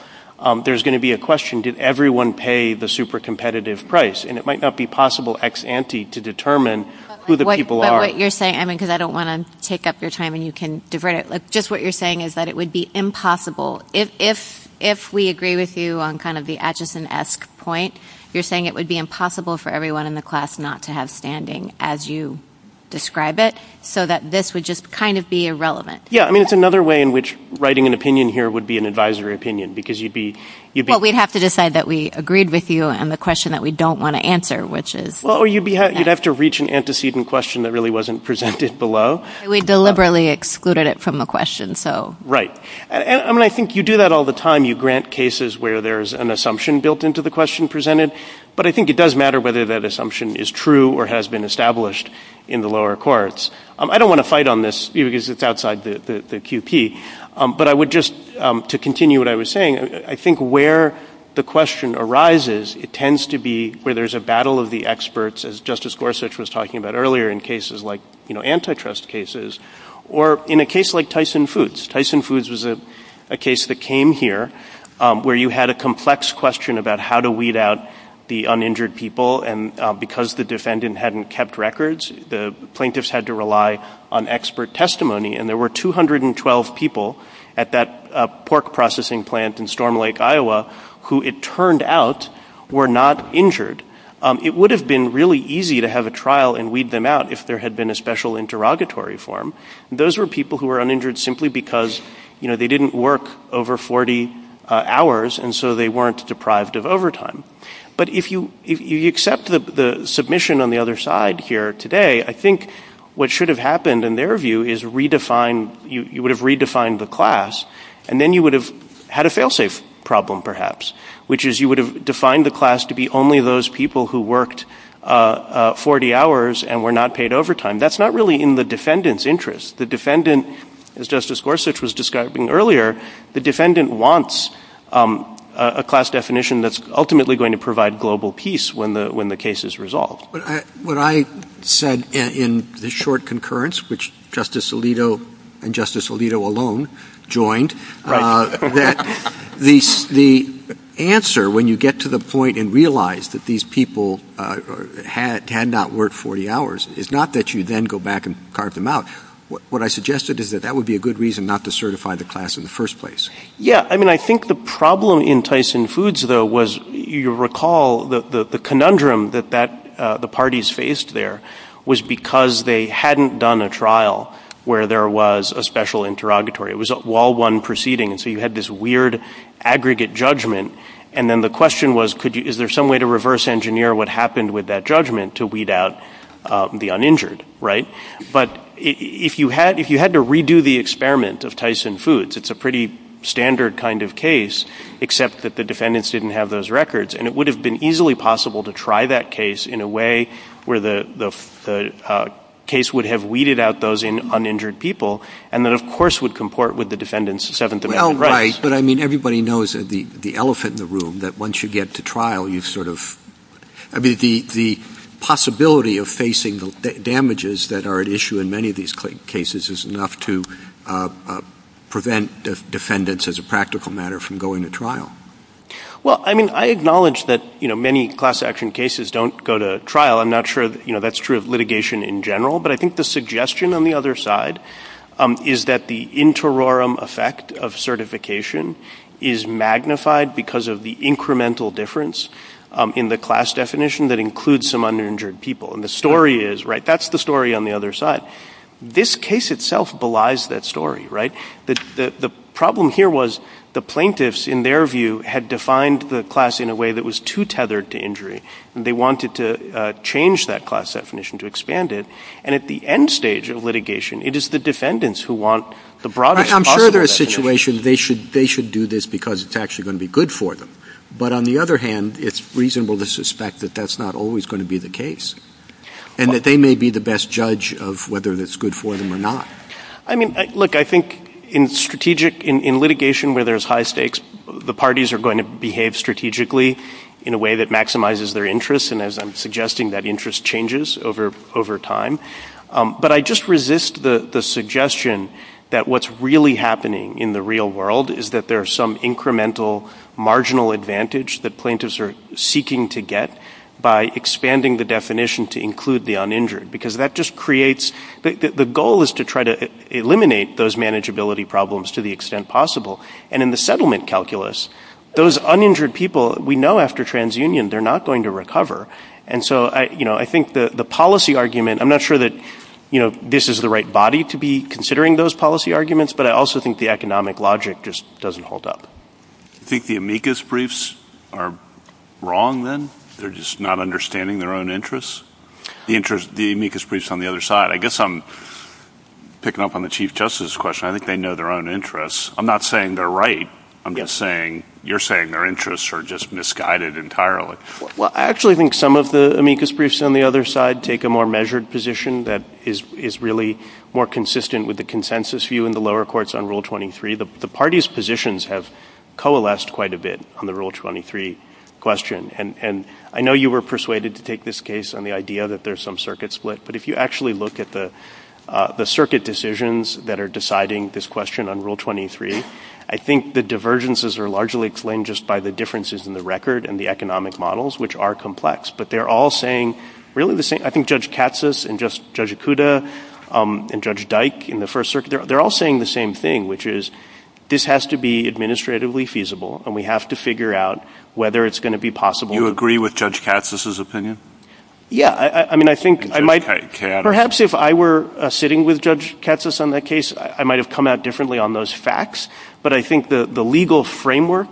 there's going to be a question, did everyone pay the super competitive price? And it might not be possible ex-ante to determine who the people are. But what you're saying, I mean, because I don't want to take up your time and you can divert it, just what you're saying is that it would be impossible if we agree with you on kind of the Atchison-esque point, you're saying it would be impossible for everyone in the class not to have standing as you describe it, so that this would just kind of be irrelevant. Yeah, I mean, it's another way in which writing an opinion here would be an advisory opinion because you'd be... Well, we'd have to decide that we agreed with you on the question that we don't want to answer, which is... Well, you'd have to reach an antecedent question that really wasn't presented below. We deliberately excluded it from the question, so... Right. I mean, I think you do that all the time. You grant cases where there's an assumption built into the question presented, but I think it does matter whether that assumption is true or has been established in the lower courts. I don't want to fight on this, you know, because it's outside the QP, but I would just to continue what I was saying, I think where the question arises, it tends to be where there's a battle of the experts, as Justice Gorsuch was talking about earlier in cases like antitrust cases, or in a case like Tyson Foods. Tyson Foods was a case that came here where you had a complex question about how to weed out the uninjured people, and because the defendant hadn't kept records, the plaintiffs had to rely on expert testimony, and there were 212 people at that pork processing plant in Storm Lake, Iowa, who it turned out were not injured. It would have been really easy to have a trial and weed them out if there had been a special interrogatory form. Those were people who were uninjured simply because they didn't work over 40 hours, and so they weren't deprived of overtime. But if you accept the submission on the other side here today, I think what should have happened, in their view, is you would have redefined the class, and then you would have had a fail-safe problem, perhaps, which is you would have defined the class to be only those people who worked 40 hours and were not paid overtime. That's not really in the defendant's interest. The defendant, as Justice Gorsuch was describing earlier, the defendant wants a class definition that's ultimately going to provide global peace when the case is resolved. What I said in the short concurrence, which Justice Alito and Justice Alito alone joined, that the answer, when you get to the point and realize that these people had not worked 40 hours, is not that you then go back and carve them out. What I suggested is that that would be a good reason not to certify the class in the first place. I think the problem in Tyson Foods, though, was you recall the conundrum that the parties faced there was because they hadn't done a trial where there was a special interrogatory. It was a wall-one proceeding, so you had this weird aggregate judgment, and then the question was is there some way to reverse-engineer what happened with that judgment to weed out the uninjured? But if you had to redo the experiment of Tyson Foods, it's a pretty standard kind of case, except that the defendants didn't have those records, and it would have been easily possible to try that case in a way where the case would have weeded out those uninjured people, and then of course would comport with the defendants seventh amendment rights. Everybody knows that the elephant in the room that once you get to trial, the possibility of facing the damages that are at issue in many of these cases is enough to prevent the defendants, as a practical matter, from going to trial. Well, I mean, I acknowledge that many class-action cases don't go to trial. I'm not sure that's true of litigation in general, but I think the suggestion on the other side is that the interim effect of certification is magnified because of the incremental difference in the class definition that includes some uninjured people, and the story is, right, that's the story on the other side. This case itself belies that story, right? The problem here was the plaintiffs, in their view, had defined the class in a way that was too tethered to injury, and they wanted to change that class definition to expand it, and at the end stage of litigation, it is the defendants who want the broadest possible definition. I'm sure there are situations they should do this because it's actually going to be good for them, but on the other hand, it's reasonable to suspect that that's not always going to be the case, and that they may be the best judge of whether it's good for them or not. I mean, look, I think in litigation where there's high stakes, the parties are going to behave strategically in a way that maximizes their interests, and as I'm suggesting, that interest changes over time, but I just resist the suggestion that what's really happening in the real world is that there are some incremental marginal advantage that plaintiffs are seeking to get by expanding the definition to include the uninjured because that just creates—the goal is to try to eliminate those manageability problems to the extent possible, and in the settlement calculus, those uninjured people, we know after transunion, they're not going to recover, and so I think the policy argument—I'm not sure that this is the right body to be considering those policy arguments, but I also think the economic logic just doesn't hold up. Do you think the amicus briefs are wrong, then? They're just not understanding their own interests? The amicus briefs on the other side—I guess I'm picking up on the Chief Justice's question. I think they know their own interests. I'm not saying they're right. I'm just saying you're saying their interests are just misguided entirely. Well, I actually think some of the amicus briefs on the other side take a more measured position that is really more consistent with the consensus view in the lower courts on Rule 23. The parties' positions have coalesced quite a bit on the Rule 23 question, and I know you were persuaded to take this case on the idea that there's some circuit split, but if you actually look at the circuit decisions that are deciding this question on Rule 23, I think the divergences are largely explained just by the differences in the record and the economic models, which are complex. But they're all saying really the same— I think Judge Katsas and Judge Ikuda and Judge Dyke in the First Circuit—they're all saying the same thing, which is this has to be administratively feasible, and we have to figure out whether it's going to be possible— Do you agree with Judge Katsas's opinion? Yeah. I mean, I think I might— Perhaps if I were sitting with Judge Katsas on that case, I might have come out differently on those facts, but I think the legal framework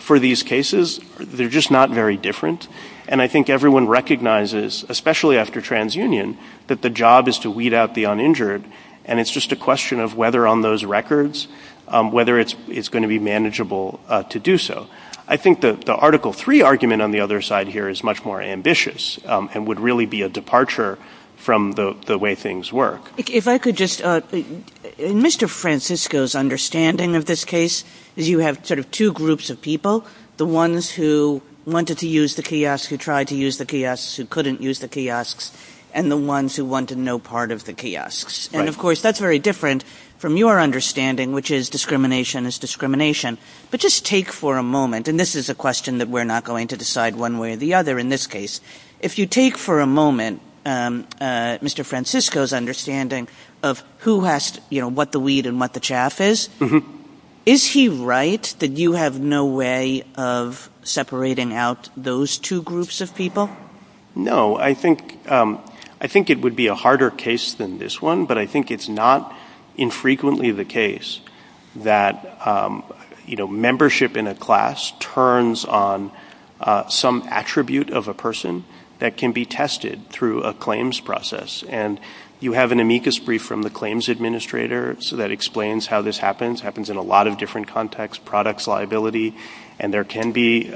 for these cases, they're just not very different, and I think everyone recognizes, especially after TransUnion, that the job is to weed out the uninjured, and it's just a question of whether on those records, whether it's going to be manageable to do so. I think the Article III argument on the other side here is much more ambitious and would really be a departure from the way things work. If I could just— Mr. Francisco's understanding of this case is you have sort of two groups of people, the ones who wanted to use the kiosks, who tried to use the kiosks, who couldn't use the kiosks, and the ones who wanted no part of the kiosks. And, of course, that's very different from your understanding, which is discrimination is discrimination. But just take for a moment— and this is a question that we're not going to decide one way or the other in this case— if you take for a moment Mr. Francisco's understanding of who has, you know, what the weed and what the chaff is, is he right that you have no way of separating out those two groups of people? No. I think it would be a harder case than this one, but I think it's not infrequently the case that, you know, membership in a class turns on some attribute of a person that can be tested through a claims process. And you have an amicus brief from the claims administrator that explains how this happens. It happens in a lot of different contexts—products, liability—and there can be,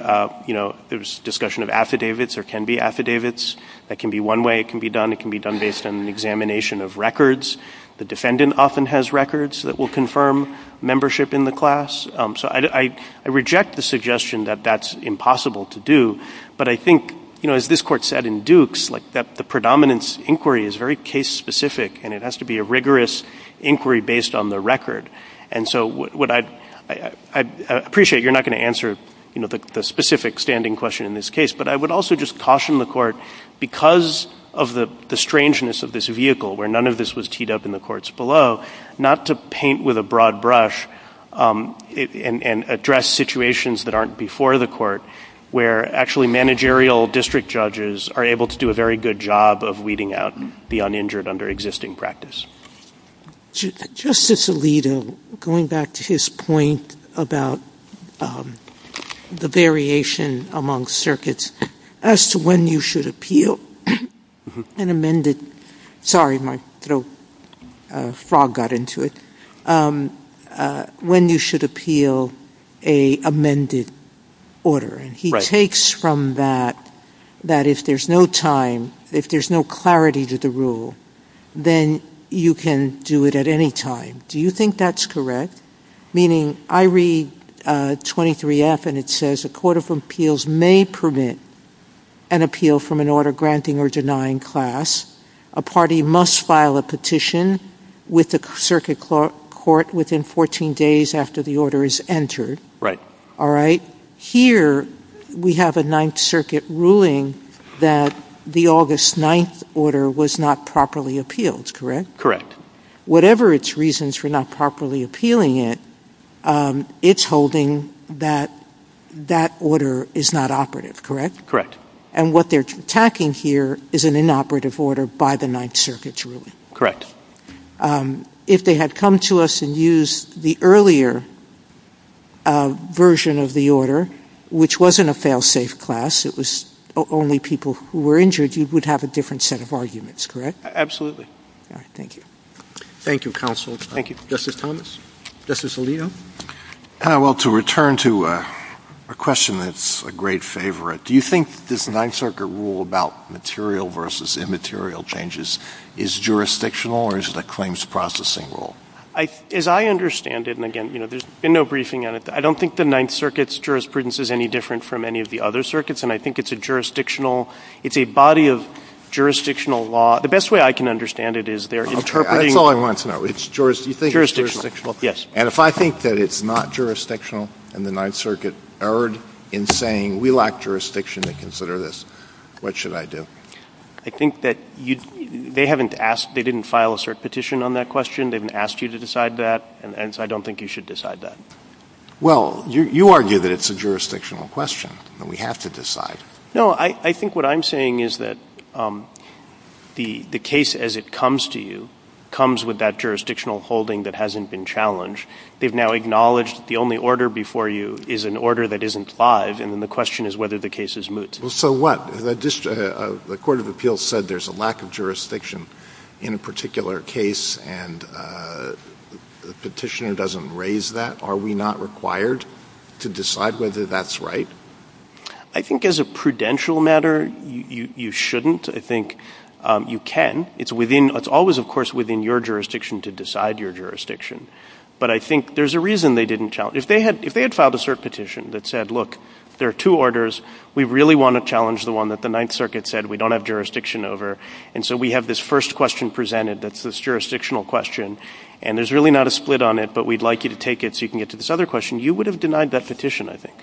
you know, there's discussion of affidavits. There can be affidavits. That can be one way it can be done. It can be done based on an examination of records. The defendant often has records that will confirm membership in the class. So I reject the suggestion that that's impossible to do, but I think, you know, as this Court said in Dukes, like, that the predominance inquiry is very case-specific and it has to be a rigorous inquiry based on the record. And so what I appreciate, you're not going to answer, you know, the specific standing question in this case, but I would also just caution the Court because of the strangeness of this vehicle, where none of this was teed up in the courts below, not to paint with a broad brush and address situations that aren't before the Court, where actually managerial district judges are able to do a very good job of weeding out the uninjured under existing practice. Justice Alito, going back to his point about the variation among circuits, as to when you should appeal an amended — sorry, my throat frog got into it — when you should appeal an amended order. And he takes from that, that if there's no time, if there's no clarity to the rule, then you can do it at any time. Do you think that's correct? Meaning, I read 23F and it says a Court of Appeals may permit an appeal from an order granting or denying class. A party must file a petition with the circuit court within 14 days after the order is entered. Here, we have a Ninth Circuit ruling that the August 9th order was not properly appealed. Correct? Correct. Whatever its reasons for not properly appealing it, it's holding that that order is not operative, correct? Correct. And what they're attacking here is an inoperative order by the Ninth Circuit's ruling. Correct. If they had come to us and used the earlier version of the order, which wasn't a fail-safe class, it was only people who were injured, you would have a different set of arguments, correct? Absolutely. Thank you. Thank you, Counsel. Thank you. Justice Thomas? Justice Alito? Well, to a question that's a great favorite. Do you think this Ninth Circuit rule about material versus immaterial changes is jurisdictional or is it a claims processing rule? As I understand it, and again, there's been no briefing on it, I don't think the Ninth Circuit's jurisprudence is any different from any of the other circuits and I think it's a jurisdictional, it's a body of jurisdictional law. The best way I can understand it is they're interpreting... That's all I want to know. Do you think it's jurisdictional? Yes. And if I think that it's not jurisdictional and the Ninth Circuit erred in saying we lack jurisdiction to consider this, what should I do? I think that they haven't asked, they didn't file a cert petition on that question, they haven't asked you to decide that and I don't think you should decide that. Well, you argue that it's a jurisdictional question and we have to decide. No, I think what I'm saying is that the case as it comes to you comes with that jurisdictional holding that hasn't been challenged. They've now acknowledged the only order before you is an order that isn't five and the question is whether the case is moot. So what? The Court of Appeals said there's a lack of jurisdiction in a particular case and the petitioner doesn't raise that. Are we not required to decide whether that's right? I think as a prudential matter you shouldn't. I think you can. It's within, it's within your jurisdiction. your jurisdiction. But I think there's a reason they didn't challenge. If they had filed a cert petition that said look, there are two orders, we really want to challenge the one that the Ninth Circuit said we don't have jurisdiction over and so we have this first question presented that's this jurisdictional question and there's really not a split on it but we'd like you to take it so you can get to this other question. You would have denied that petition, I think.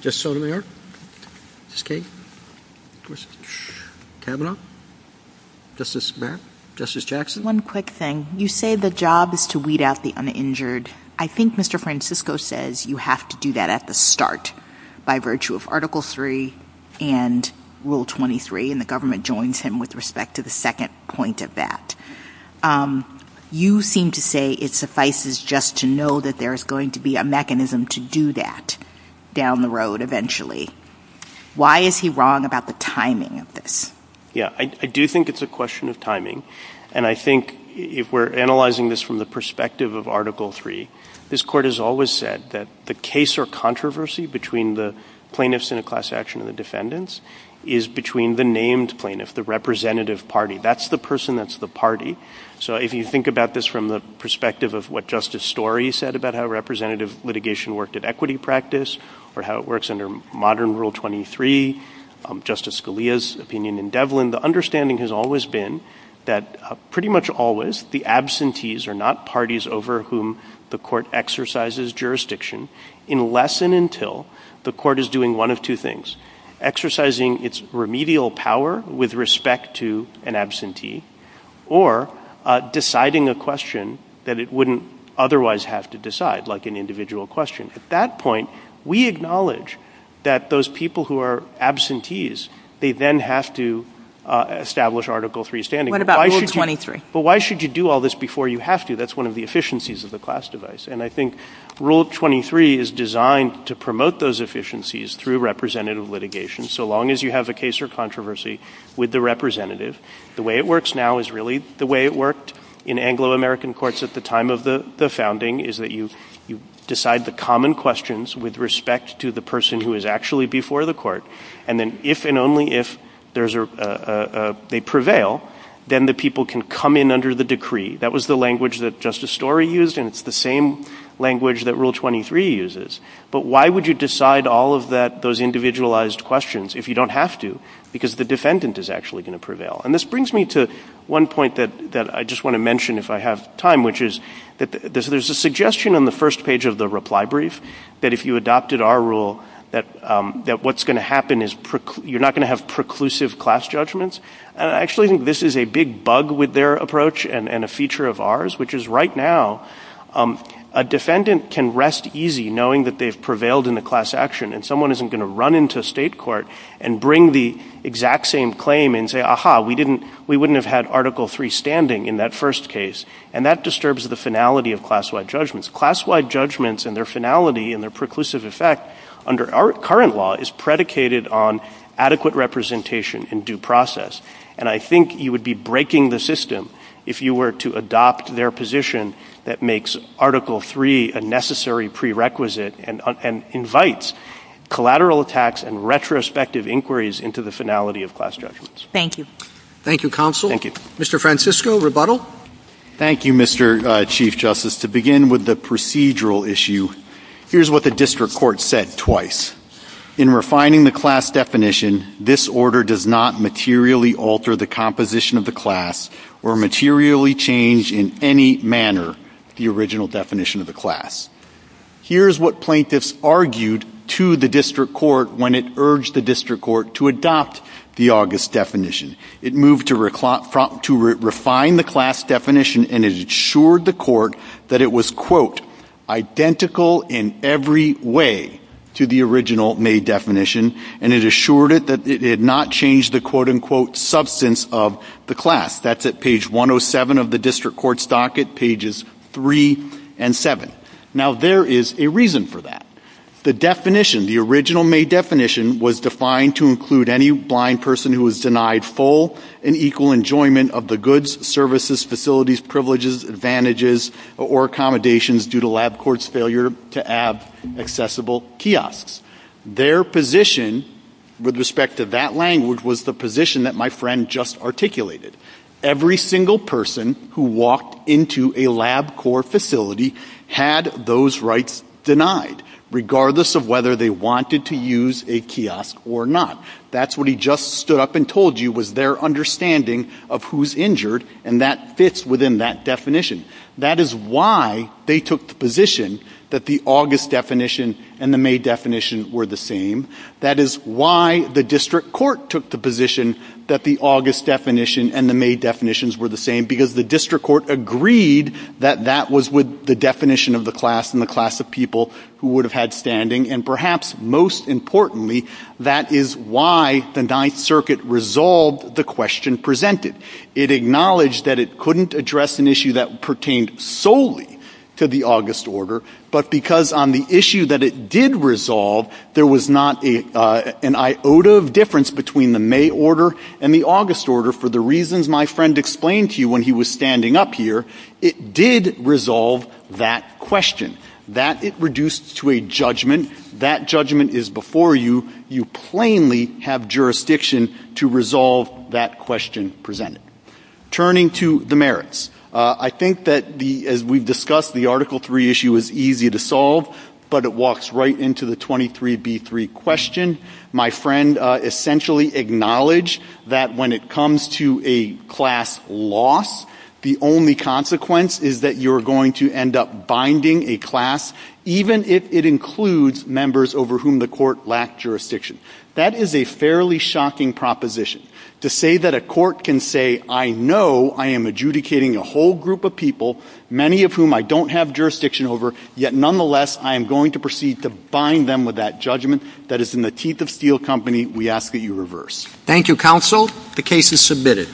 Justice Sotomayor? Justice Kagan? Justice Kavanaugh? Justice Barrett? Justice Jackson? One quick thing. You say the job is to weed out the uninjured. I think Mr. Francisco says you have to do that at the start by virtue of Article 3 and Rule 23 and the government joins him with respect to the second point of that. You seem to say it suffices just to know that there's going to be a mechanism to do that down the road eventually. Why is he wrong about the timing of this? I do think it's a question of timing and I think if we're analyzing this from the perspective of Article 3, this Court has always said that the case or controversy between the plaintiffs and the class action of the defendants is between the named plaintiff, the representative party. That's the person, that's the party. So if you think about this from the perspective of what Justice Story said about how representative litigation worked at equity practice or how it works under modern Rule 23, Justice Scalia's opinion in Devlin, the understanding has always been that pretty much always the absentees are not parties over whom the Court exercises jurisdiction unless and until the Court is doing one of two things. Exercising its remedial power with respect to an absentee or deciding a question that it wouldn't otherwise have to decide, like an individual question. At that point, we acknowledge that those people who are absentees, they then have to establish Article 3 standing. But why should you do all this before you have to? That's one of the efficiencies of the class device and I think Rule 23 is designed to promote those efficiencies through representative litigation so long as you have a case or controversy with the representative. The way it works now is really the way it worked in Anglo-American courts at the time of the founding is that you decide the common questions with respect to the person who is actually before the Court and then if and only if they prevail, then the people can come in under the decree. That was the language that Justice Story used and it's the same language that Rule 23 uses. But why would you decide all of those individualized questions if you don't have to because the defendant is actually going to prevail? This brings me to one point that I just want to mention if I have time which is that there's a suggestion on the first page of the reply brief that if you adopted our rule that what's going to happen is you're not going to have preclusive class judgments. I actually think this is a big bug with their approach and a feature of ours which is right now a defendant can rest easy knowing that they've prevailed in the class action and someone isn't going to run into state court and bring the exact same claim and say, aha, we wouldn't have had Article 3 standing in that first case and that disturbs the finality of class-wide judgments. Class-wide judgments and their finality and their preclusive effect under our current law is predicated on adequate representation in due process and I think you would be breaking the system if you were to adopt their position that makes Article 3 a necessary prerequisite and invites collateral attacks and retrospective inquiries into the finality of class judgments. Thank you. Thank you, Counsel. Mr. Francisco, rebuttal? Thank you, Mr. Chief Justice. To begin with the procedural issue, here's what the district court said twice. In refining the class definition, this order does not materially alter the composition of the class or materially change in any manner the original definition of the class. Here's what plaintiffs argued to the district court when it urged the district court to adopt the August definition. It moved to refine the class definition and it assured the court that it was identical in every way to the original May definition and it assured it that it had not changed the substance of the class. That's at page 107 of the district court's docket, pages 3 and 7. Now there is a reason for that. The definition, the original May definition was defined to include any blind person who was denied full and equal enjoyment of the goods, services, facilities, privileges, advantages or accommodations due to LabCorp's failure to have accessible kiosks. Their position with respect to that language was the position that my friend just articulated. Every single person who walked into a LabCorp facility had those rights denied, regardless of whether they wanted to use a kiosk or not. That's what he just stood up and told you was their understanding of who's injured and that fits within that definition. That is why they took the position that the August definition and the May definition were the same. That is why the district court took the position that the August definition and the May definitions were the same because the district court agreed that that was the definition of the class and the class of people who would have had standing and perhaps most importantly that is why the 9th Circuit resolved the question presented. It acknowledged that it couldn't address an issue that pertained solely to the August order, but because on the issue that it did resolve, there was not an iota of difference between the May order and the August order for the reasons my friend explained to you when he was standing up here, it did resolve that question. That it reduced to a judgment. That judgment is before you. You plainly have jurisdiction to resolve that question presented. Turning to the merits, I think that as we discussed, the Article 3 issue is easy to solve, but it walks right into the 23B3 question. My friend essentially acknowledged that when it comes to a class loss, the only consequence is that you're going to end up binding a class even if it includes members over whom the court lacked jurisdiction. That is a fairly shocking proposition. To say that a court can say, I know I am adjudicating a whole group of people many of whom I don't have jurisdiction over, yet nonetheless I am going to proceed to bind them with that judgment that is in the teeth of steel company, we hope that you reverse. Thank you, Counsel. The case is submitted.